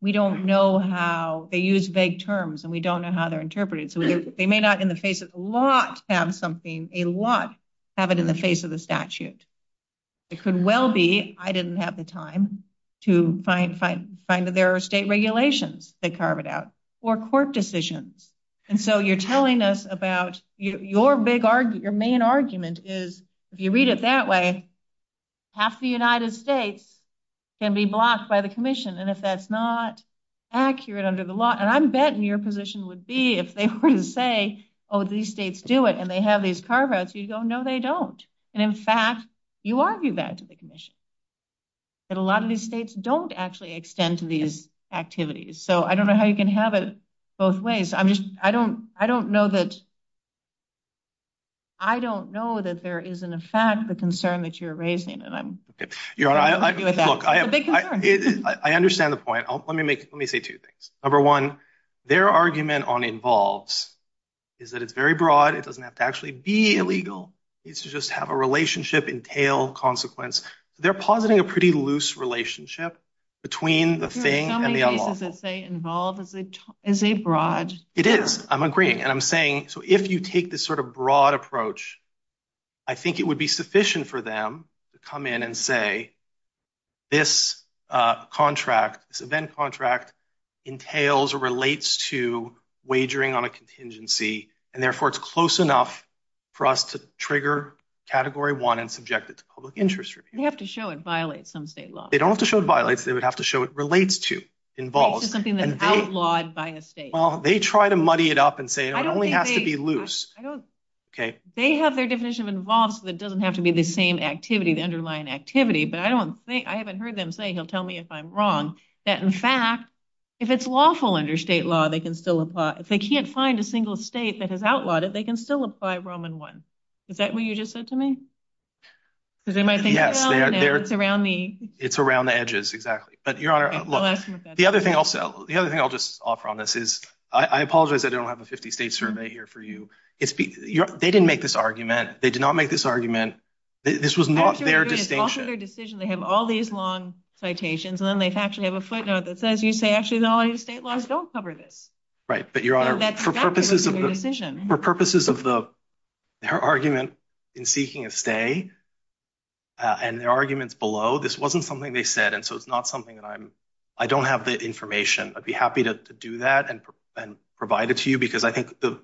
we don't know how- They use vague terms, and we don't know how they're interpreted. They may not, in the face of the law, have something. A lot have it in the face of the statute. It could well be I didn't have the time to find that there are state regulations that carve it out, or court decisions. And so you're telling us about your main argument is, if you read it that way, half the United States can be blocked by the commission. And if that's not accurate under the law, and I'm betting your position would be if they were to say, oh, these states do it, and they have these carve outs, you'd go, no, they don't. And in fact, you argue back to the commission that a lot of these states don't actually extend to these activities. So I don't know how you can have it both ways. I'm just, I don't know that, I don't know that there is in effect the concern that you're raising, and I'm- Okay, Your Honor, look, I understand the point. Let me make, let me say two things. Number one, their argument on involves is that it's very broad. It doesn't have to actually be illegal. It's to just have a relationship entail consequence. They're positing a pretty loose relationship between the thing and the unlawful. Your Honor, how many cases does it say involved? Is it broad? It is. I'm agreeing. And I'm saying, so if you take this sort of broad approach, I think it would be sufficient for them to come in and say, this contract, this event contract entails or relates to wagering on a contingency, and therefore it's close enough for us to trigger category one and subject it to public interest review. They have to show it violates some state law. They don't have to show it violates. They would have to show it relates to, involves. It's just something that's outlawed by a state. Well, they try to muddy it up and say it only has to be loose. Okay. They have their definition of involves, but it doesn't have to be the same activity, the underlying activity. But I don't think, I haven't heard them say, he'll tell me if I'm wrong, that in fact, if it's lawful under state law, they can still apply. If they can't find a single state that has outlawed it, they can still apply Roman one. Is that what you just said to me? It's around the edges. The other thing I'll say, the other thing I'll just offer on this is, I apologize I don't have a 50 state survey here for you. They didn't make this argument. They did not make this argument. This was not their decision. They have all these long citations, and then they actually have a footnote that says, you say, actually, the only state laws don't cover this. Right. But your honor, for purposes of the argument in seeking a stay and their arguments below, this wasn't something they said. And so it's not something that I'm, I don't have that information. I'd be happy to do that and provide it to you, because I think the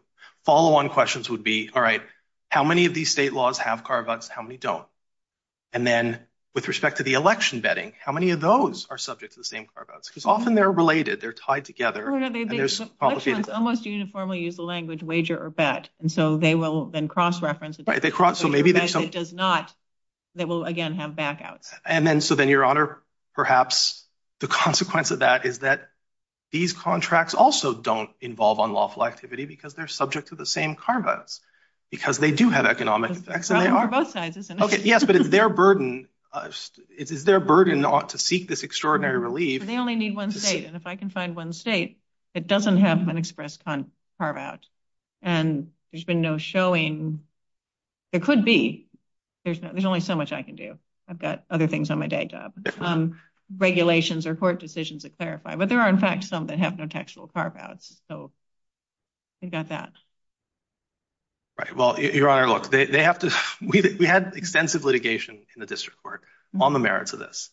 follow on questions would be, all right, how many of these state laws have car votes? How many don't? And then with respect to the election vetting, how many of those are subject to the same car votes? Because often they're related. They're tied together. Unless you formally use the language wager or bet. And so they will then cross reference. Right. They cross. So maybe that does not. They will again have back out. And then, so then your honor, perhaps the consequence of that is that these contracts also don't involve unlawful activity because they're subject to the same car votes, because they do have economic effects. They are both sides, isn't it? Okay. Yes. But it's their burden to seek this extraordinary relief. They only need one state. And if I can find one state that doesn't have an express car vote, and there's been no showing. It could be. There's only so much I can do. I've got other things on my day job, regulations or court decisions that clarify, but there are in fact, some that have no textual car votes. I got that. Right. Well, your honor, look, they have to, we had extensive litigation in the district court on the merits of this.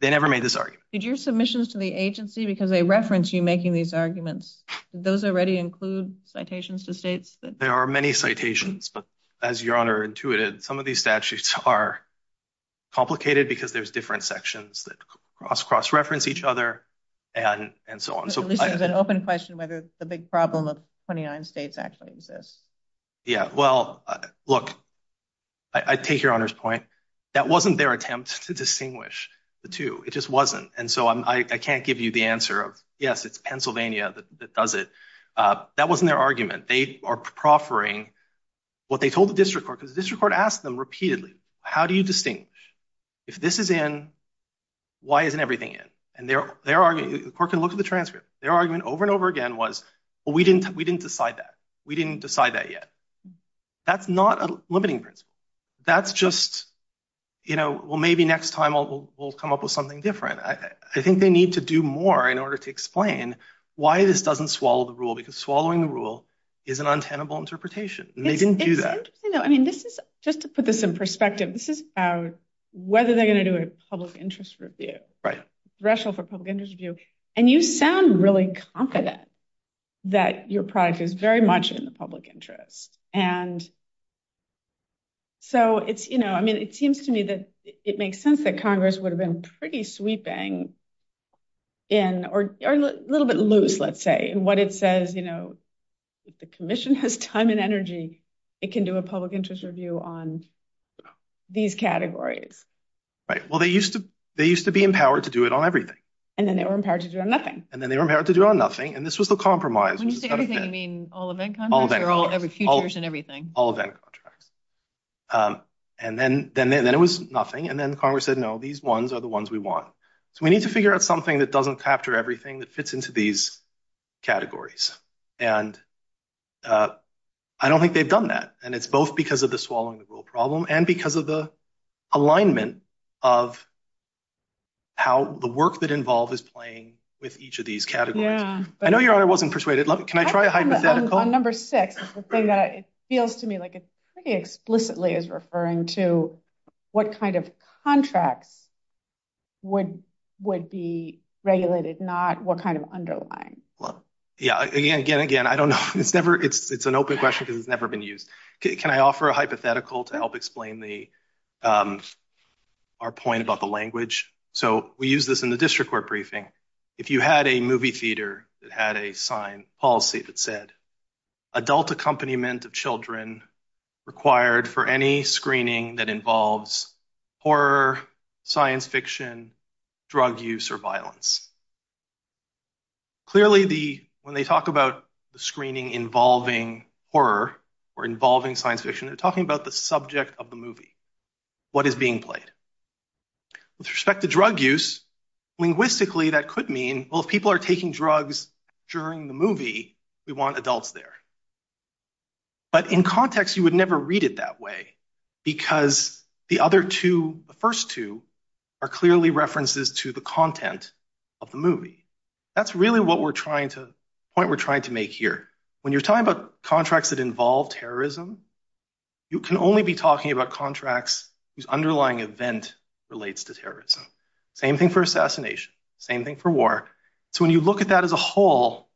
They never made this argument. Did your submissions to the agency, because they reference you making these arguments. Those already include citations to states. There are many citations, but as your honor intuited, some of these statutes are. Complicated because there's different sections that cross cross-reference each other and so on. So this is an open question, whether the big problem of 29 states actually exists. Yeah. Well, look, I take your honor's point. That wasn't their attempt to distinguish the two. It just wasn't. And so I can't give you the answer of, yes, it's Pennsylvania that does it. That wasn't their argument. They are proffering what they told the district court. District court asked them repeatedly. How do you distinguish? If this is in, why isn't everything in? And their argument, the court can look at the transcript. Their argument over and over again was, well, we didn't decide that. We didn't decide that yet. That's not a limiting principle. That's just, you know, well, maybe next time we'll come up with something different. I think they need to do more in order to explain why this doesn't swallow the rule, because swallowing the rule is an untenable interpretation. They didn't do that. I mean, just to put this in perspective, this is about whether they're going to do a public interest review, threshold for public interest review. And you sound really confident that your product is very much in the public interest. And so it's, you know, I mean, it seems to me that it makes sense that Congress would have been pretty sweeping in, or a little bit loose, let's say, in what it says. If the commission has time and energy, it can do a public interest review on these categories. Right. Well, they used to be empowered to do it on everything. And then they were empowered to do it on nothing. And then they were empowered to do it on nothing. And this was the compromise. When you say everything, you mean all event contracts? All event contracts. They're all futures and everything. All event contracts. And then it was nothing. And then Congress said, no, these ones are the ones we want. So we need to figure out something that doesn't capture everything that fits into these categories. And I don't think they've done that. And it's both because of the swallowing the rule problem and because of the alignment of how the work that involved is playing with each of these categories. Yeah. I know your honor wasn't persuaded. Can I try a hypothetical? On number six, the thing that it feels to me like it's pretty explicitly is referring to what kind of contract would be regulated, not what kind of underlying. Well, yeah, again, again, again, I don't know. It's never, it's an open question because it's never been used. Can I offer a hypothetical to help explain our point about the language? So we use this in the district court briefing. If you had a movie theater that had a sign policy that said adult accompaniment of children required for any screening that involves horror, science fiction, drug use, or violence. Clearly, when they talk about the screening involving horror or involving science fiction, they're talking about the subject of the movie. What is being played? With respect to drug use, linguistically, that could mean, well, if people are taking drugs during the movie, we want adults there. But in context, you would never read it that way because the other two, the first two are clearly references to the content of the movie. That's really what we're trying to, the point we're trying to make here. When you're talking about contracts that involve terrorism, you can only be talking about contracts whose underlying event relates to terrorism. Same thing for assassination, same thing for war. So when you look at that as a whole,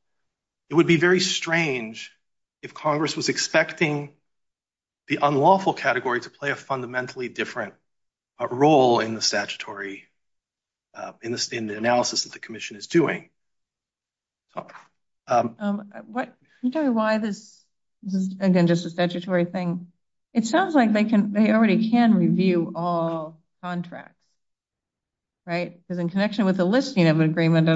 it would be very strange if Congress was expecting the unlawful category to play a fundamentally different role in the statutory, in the analysis that the commission is doing. I'm sorry, why is this, again, just a statutory thing? It sounds like they already can review all contracts, right? Because in connection with the listing of an agreement,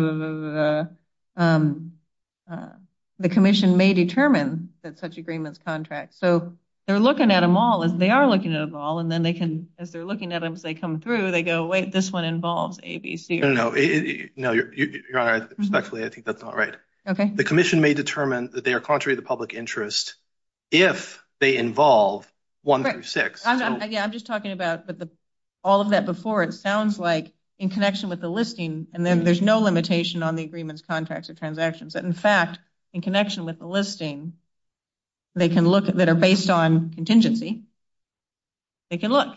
the commission may determine that such agreements contract. So they're looking at them all, and they are looking at them all, and then they can, as they're looking at them as they come through, they go, wait, this one involves A, B, C, No, you're all right. Respectfully, I think that's all right. The commission may determine that they are contrary to public interest if they involve one through six. Yeah, I'm just talking about all of that before. It sounds like in connection with the listing, and then there's no limitation on the agreements, contracts, or transactions. But in fact, in connection with the listing that are based on contingency, they can look,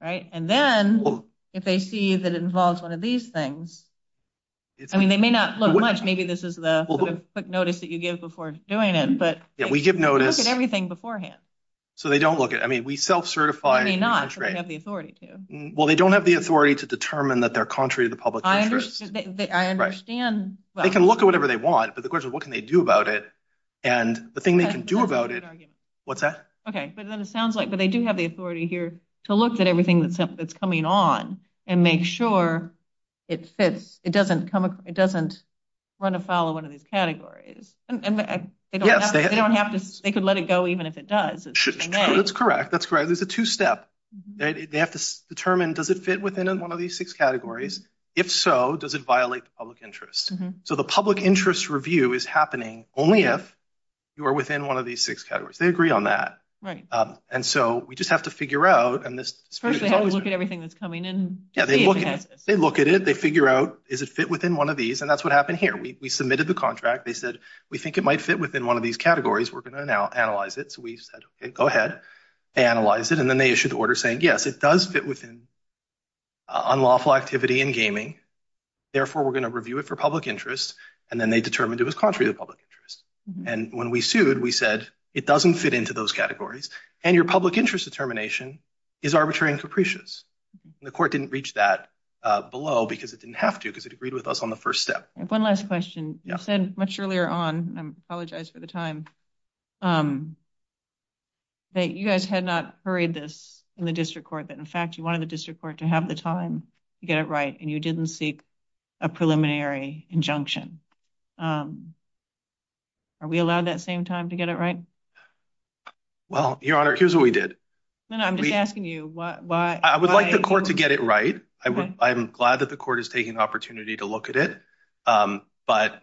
right? And then if they see that it involves one of these things, I mean, they may not look much. Maybe this is the quick notice that you give before doing it, but they look at everything beforehand. So they don't look at it. I mean, we self-certify. They may not, but they have the authority to. Well, they don't have the authority to determine that they're contrary to the public interest. I understand. They can look at whatever they want, but the question is, what can they do about it? And the thing they can do about it, what's that? Okay. But then it sounds like, but they do have the authority here to look at everything that's coming on and make sure it fits. It doesn't run afoul of one of these categories. And they don't have to, they could let it go even if it does. That's correct. That's correct. There's a two-step. They have to determine, does it fit within one of these six categories? If so, does it violate the public interest? So the public interest review is happening only if you are within one of these six categories. They agree on that. Right. And so we just have to figure out, and this. First, they have to look at everything that's coming in. Yeah, they look at it. They figure out, is it fit within one of these? And that's what happened here. We submitted the contract. They said, we think it might fit within one of these categories. We're going to now analyze it. We said, OK, go ahead. Analyze it. And then they issued the order saying, yes, it does fit within unlawful activity in gaming. Therefore, we're going to review it for public interest. And then they determined it was contrary to public interest. And when we sued, we said, it doesn't fit into those categories. And your public interest determination is arbitrary and supprecious. The court didn't reach that below because it didn't have to, because it agreed with us on the first step. One last question. You said much earlier on, I apologize for the time, that you guys had not hurried this in the district court, that, in fact, you wanted the district court to have the time to get it right, and you didn't seek a preliminary injunction. Are we allowed that same time to get it right? Well, Your Honor, here's what we did. No, no, I'm just asking you, why? I would like the court to get it right. I'm glad that the court is taking the opportunity to look at it. But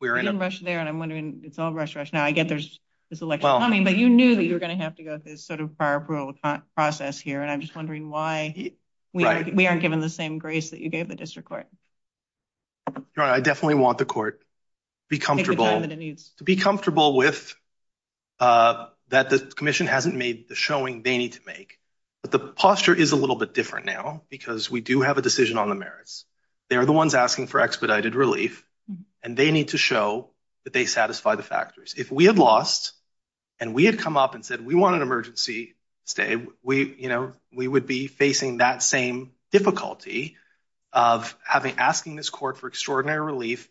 we're in a rush there. And I'm wondering, it's all rush, rush. Now, I get there's this election coming, but you knew that you were going to have to go through this sort of prior approval process here. And I'm just wondering why we aren't given the same grace that you gave the district court. I definitely want the court to be comfortable, to be comfortable with that the commission hasn't made the showing they need to make. But the posture is a little bit different now because we do have a decision on the merits. They're the ones asking for expedited relief. And they need to show that they satisfy the factors. If we had lost, and we had come up and said, we want an emergency stay, we would be facing that same difficulty of asking this court for extraordinary relief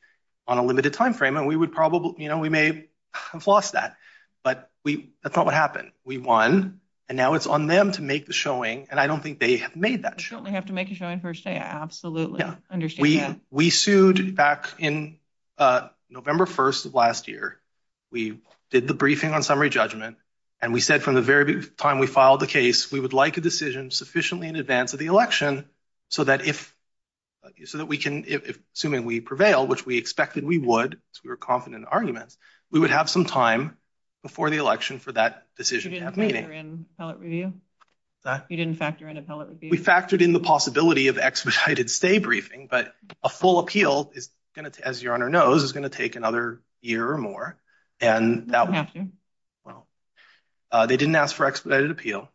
on a limited time frame. And we would probably, we may have lost that. But that's not what happened. We won. And now it's on them to make the showing. And I don't think they have made that show. They have to make a showing for a stay. We sued back in November 1st of last year. We did the briefing on summary judgment. And we said from the very time we filed the case, we would like a decision sufficiently in advance of the election so that if, so that we can, assuming we prevail, which we expected we would, because we were confident in the argument, we would have some time before the election for that decision to have meaning. You didn't factor in appellate review? You didn't factor in appellate review? We factored in the possibility of expedited stay briefing, but a full appeal is going to, as your Honor knows, is going to take another year or more. And that was, well, they didn't ask for expedited appeal.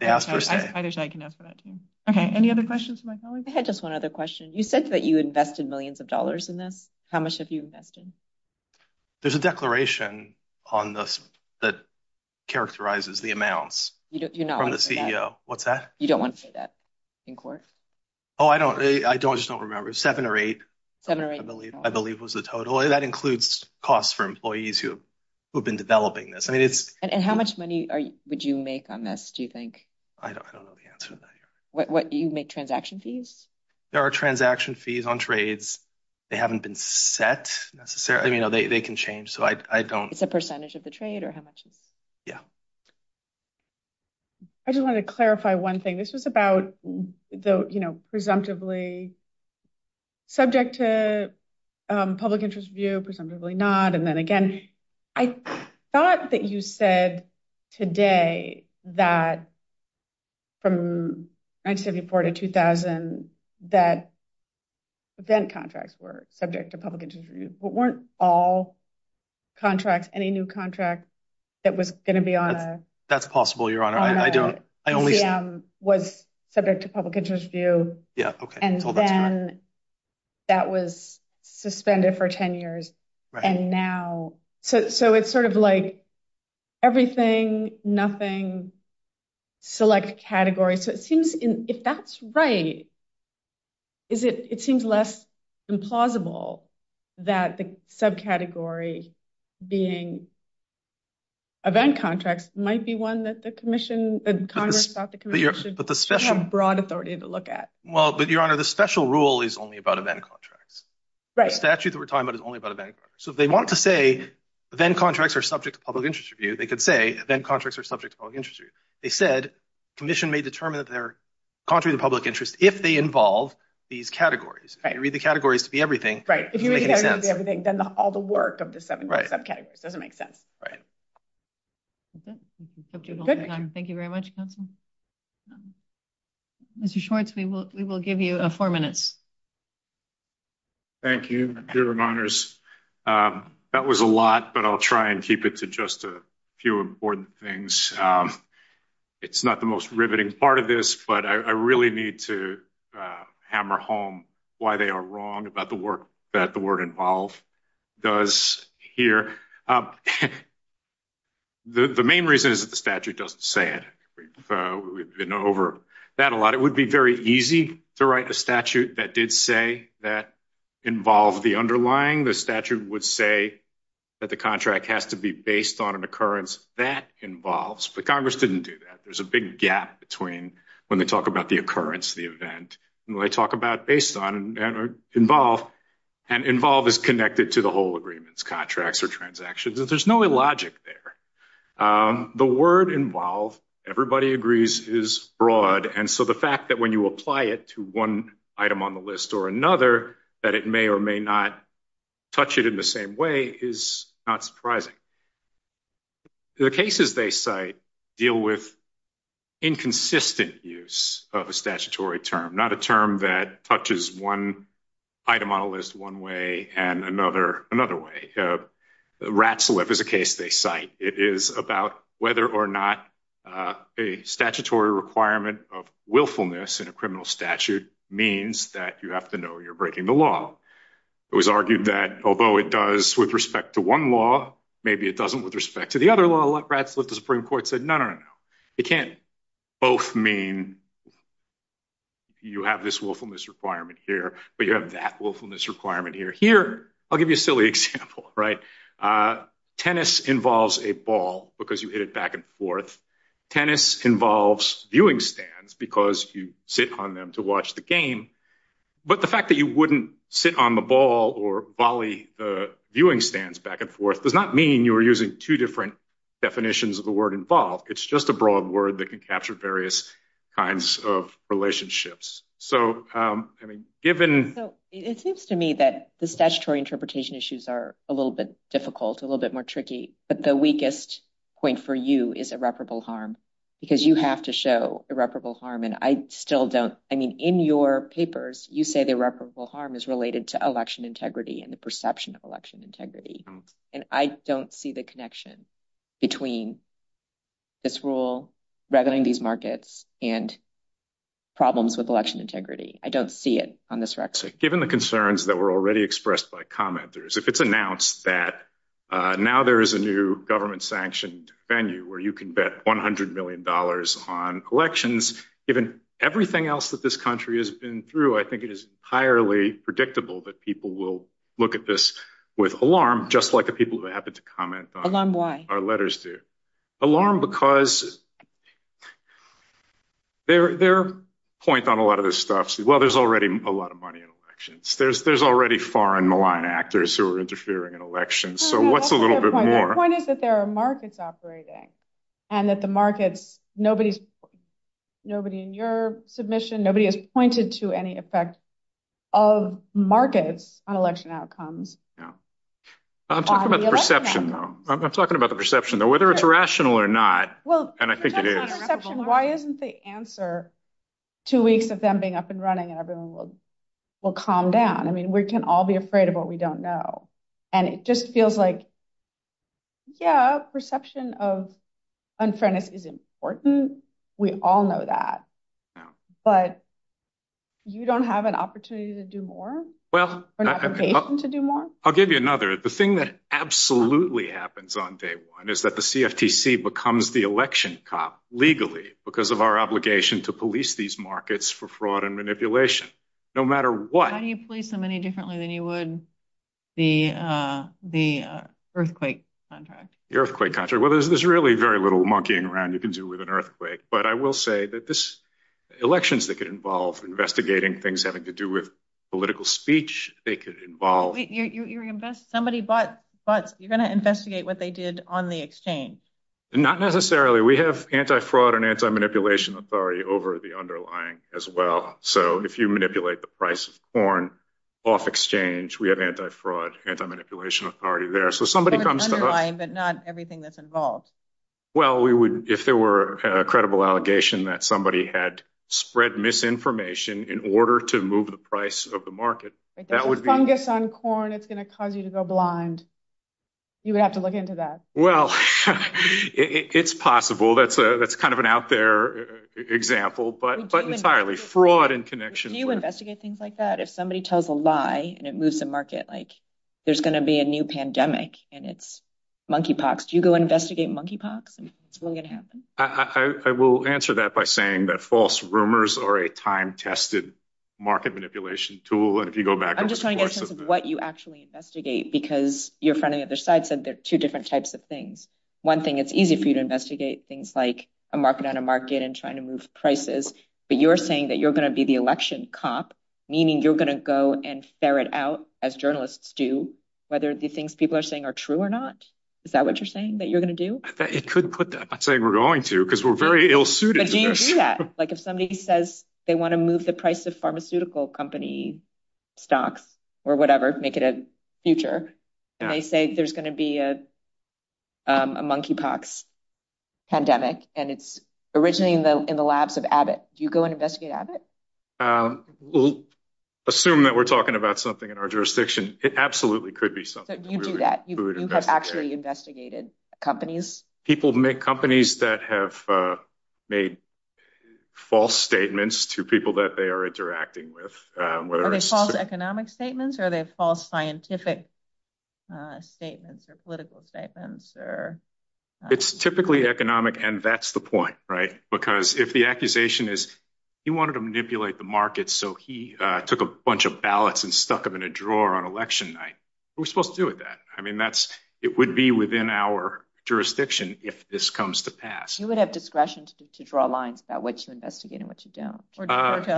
They asked for stay. I'm sure I can ask for that too. Okay. Any other questions from my colleagues? I had just one other question. You said that you invested millions of dollars in this. How much have you invested? There's a declaration on the, that characterizes the amounts from the CBO. What's that? You don't want to say that in court. Oh, I don't, I don't, I just don't remember. Seven or eight. Seven or eight. I believe was the total. That includes costs for employees who have been developing this. And how much money would you make on this, do you think? I don't know the answer to that. What, you make transaction fees? There are transaction fees on trades. They haven't been set necessarily. I mean, they can change. So I don't. It's a percentage of the trade or how much? Yeah. I just wanted to clarify one thing. This is about the, you know, presumptively subject to public interest review. Presumptively not. And then again, I thought that you said today that from 1974 to 2000, that then contracts were subject to public interest review. Weren't all contracts, any new contract that was going to be on a. That's possible, your honor. I don't. Was subject to public interest review. Yeah. And then that was suspended for 10 years. And now. So it's sort of like everything, nothing, select category. So it seems if that's right. Is it, it seems less than plausible that the subcategory being. Event contracts might be one that the commission and Congress got the broad authority to look at. Well, but your honor, the special rule is only about event contract. Right. Statute that we're talking about is only about event. So they want to say then contracts are subject to public interest review. They could say then contracts are subject to public interest review. They said commission may determine that they're contrary to public interest if they involve these categories, read the categories to be everything. Right. If you read everything, then all the work of the subcategory doesn't make sense. Thank you very much. Mr. Schwartz, we will, we will give you a four minutes. Thank you. Dear reminders. That was a lot, but I'll try and keep it to just a few important things. It's not the most riveting part of this, but I really need to hammer home why they are wrong about the work that the word involved does here. The main reason is that the statute doesn't say it. We've been over that a lot. It would be very easy to write a statute that did say that involved the underlying. The statute would say that the contract has to be based on an occurrence that involves, but Congress didn't do that. There's a big gap between when they talk about the occurrence, the event, and when they talk about based on and involve, and involve is connected to the whole agreements, contracts or transactions. There's no logic there. The word involved, everybody agrees is broad. And so the fact that when you apply it to one item on the list or another, that it may or may not touch it in the same way is not surprising. The cases they cite deal with inconsistent use of a statutory term, not a term that touches one item on the list one way and another another way. RATSLEF is a case they cite. It is about whether or not a statutory requirement of willfulness in a criminal statute means that you have to know you're breaking the law. It was argued that although it does with respect to one law, maybe it doesn't with respect to the other law. A lot of RATSLEF, the Supreme Court said, no, no, no, no. It can't both mean you have this willfulness requirement here, but you have that willfulness requirement here. Here, I'll give you a silly example, right? Tennis involves a ball because you hit it back and forth. Tennis involves viewing stands because you sit on them to watch the game. But the fact that you wouldn't sit on the ball or volley the viewing stands back and forth does not mean you were using two different definitions of the word involved. It's just a broad word that can capture various kinds of relationships. It seems to me that the statutory interpretation issues are a little bit difficult, a little bit more tricky. But the weakest point for you is irreparable harm because you have to show irreparable harm, and I still don't. I mean, in your papers, you say the irreparable harm is related to election integrity and the perception of election integrity. And I don't see the connection between this rule, reveling in these markets, and problems with election integrity. I don't see it on this record. Given the concerns that were already expressed by commenters, if it's announced that now there is a new government-sanctioned venue where you can bet $100 million on elections, given everything else that this country has been through, I think it is entirely predictable that people will look at this with alarm, just like the people who happen to comment on our letters do. Alarm because their point on a lot of this stuff is, well, there's already a lot of money in elections. There's already foreign malign actors who are interfering in elections. So what's a little bit more? One is that there are markets operating, and that the markets, nobody in your submission, nobody has pointed to any effect of markets on election outcomes. I'm talking about the perception, though, whether it's rational or not, and I think it is. Why isn't the answer two weeks of them being up and running and everyone will calm down? I mean, we can all be afraid of what we don't know. And it just feels like, yeah, perception of unfairness is important. We all know that. But you don't have an opportunity to do more or an obligation to do more? I'll give you another. The thing that absolutely happens on day one is that the CFTC becomes the election cop legally because of our obligation to police these markets for fraud and manipulation, no matter what. How do you police them any differently than you would the earthquake contract? The earthquake contract? Well, there's really very little monkeying around you can do with an earthquake. But I will say that this, elections that get involved, investigating things having to do with political speech, they could involve- Wait, you invest, somebody bought butts. You're going to investigate what they did on the exchange. Not necessarily. We have anti-fraud and anti-manipulation authority over the underlying as well. So if you manipulate the price of corn off exchange, we have anti-fraud, anti-manipulation authority there. So somebody comes to- But it's underlying, but not everything that's involved. Well, if there were a credible allegation that somebody had spread misinformation in order to move the price of the market, that would be- If there's a fungus on corn, it's going to cause you to go blind. You would have to look into that. Well, it's possible. That's kind of an out there example. But entirely fraud in connection with- Do you investigate things like that? If somebody tells a lie and it moves the market, like there's going to be a new pandemic and it's monkey pox, do you go investigate monkey pox? I mean, it's going to happen. I will answer that by saying that false rumors are a time-tested market manipulation tool. And if you go back over the course of this- I'm just trying to get a sense of what you actually investigate, because your friend on the other side said there are two different types of things. One thing, it's easy for you to investigate things like a market on a market and trying to move prices, but you're saying that you're going to be the election cop, meaning you're going to go and stare it out as journalists do, whether the things people are saying are true or not. Is that what you're saying that you're going to do? It could put that. I'm not saying we're going to, because we're very ill-suited. But do you do that? Like if somebody says they want to move the price of pharmaceutical company stocks or whatever, make it a future, and they say there's going to be a monkey pox pandemic, and it's originating in the labs of Abbott. Do you go and investigate Abbott? We'll assume that we're talking about something in our jurisdiction. It absolutely could be something. You do that. You have actually investigated companies. People make companies that have made false statements to people that they are interacting with, whether it's- Are they false economic statements? Are they false scientific statements or political statements? It's typically economic, and that's the point, right? Because if the accusation is he wanted to manipulate the market, so he took a bunch of ballots and stuck them in a drawer on election night, who's supposed to do that? I mean, it would be within our jurisdiction if this comes to pass. You would have discretion to draw lines about what you investigate and what you don't.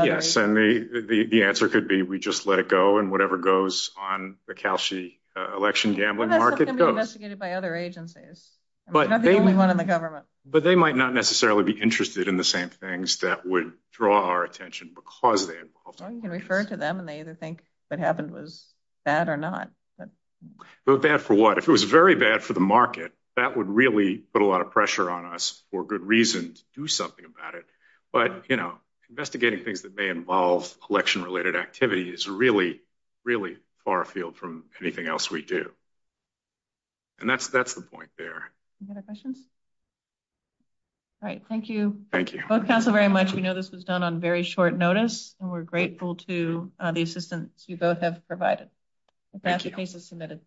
Yes, and the answer could be we just let it go, and whatever goes on the Cal-SHEA election gambling market goes. It could be investigated by other agencies, not just one in the government. But they might not necessarily be interested in the same things that would draw our attention because they're involved. Well, you can refer to them, and they either think what happened was bad or not. But bad for what? If it was very bad for the market, that would really put a lot of pressure on us for good reason to do something about it. But investigating things that may involve election-related activity is really, really far afield from anything else we do. And that's the point there. Any other questions? All right. Thank you. Thank you. Both counsel very much. We know this was done on very short notice, and we're grateful to the assistance you both have provided. Thank you. The case is submitted.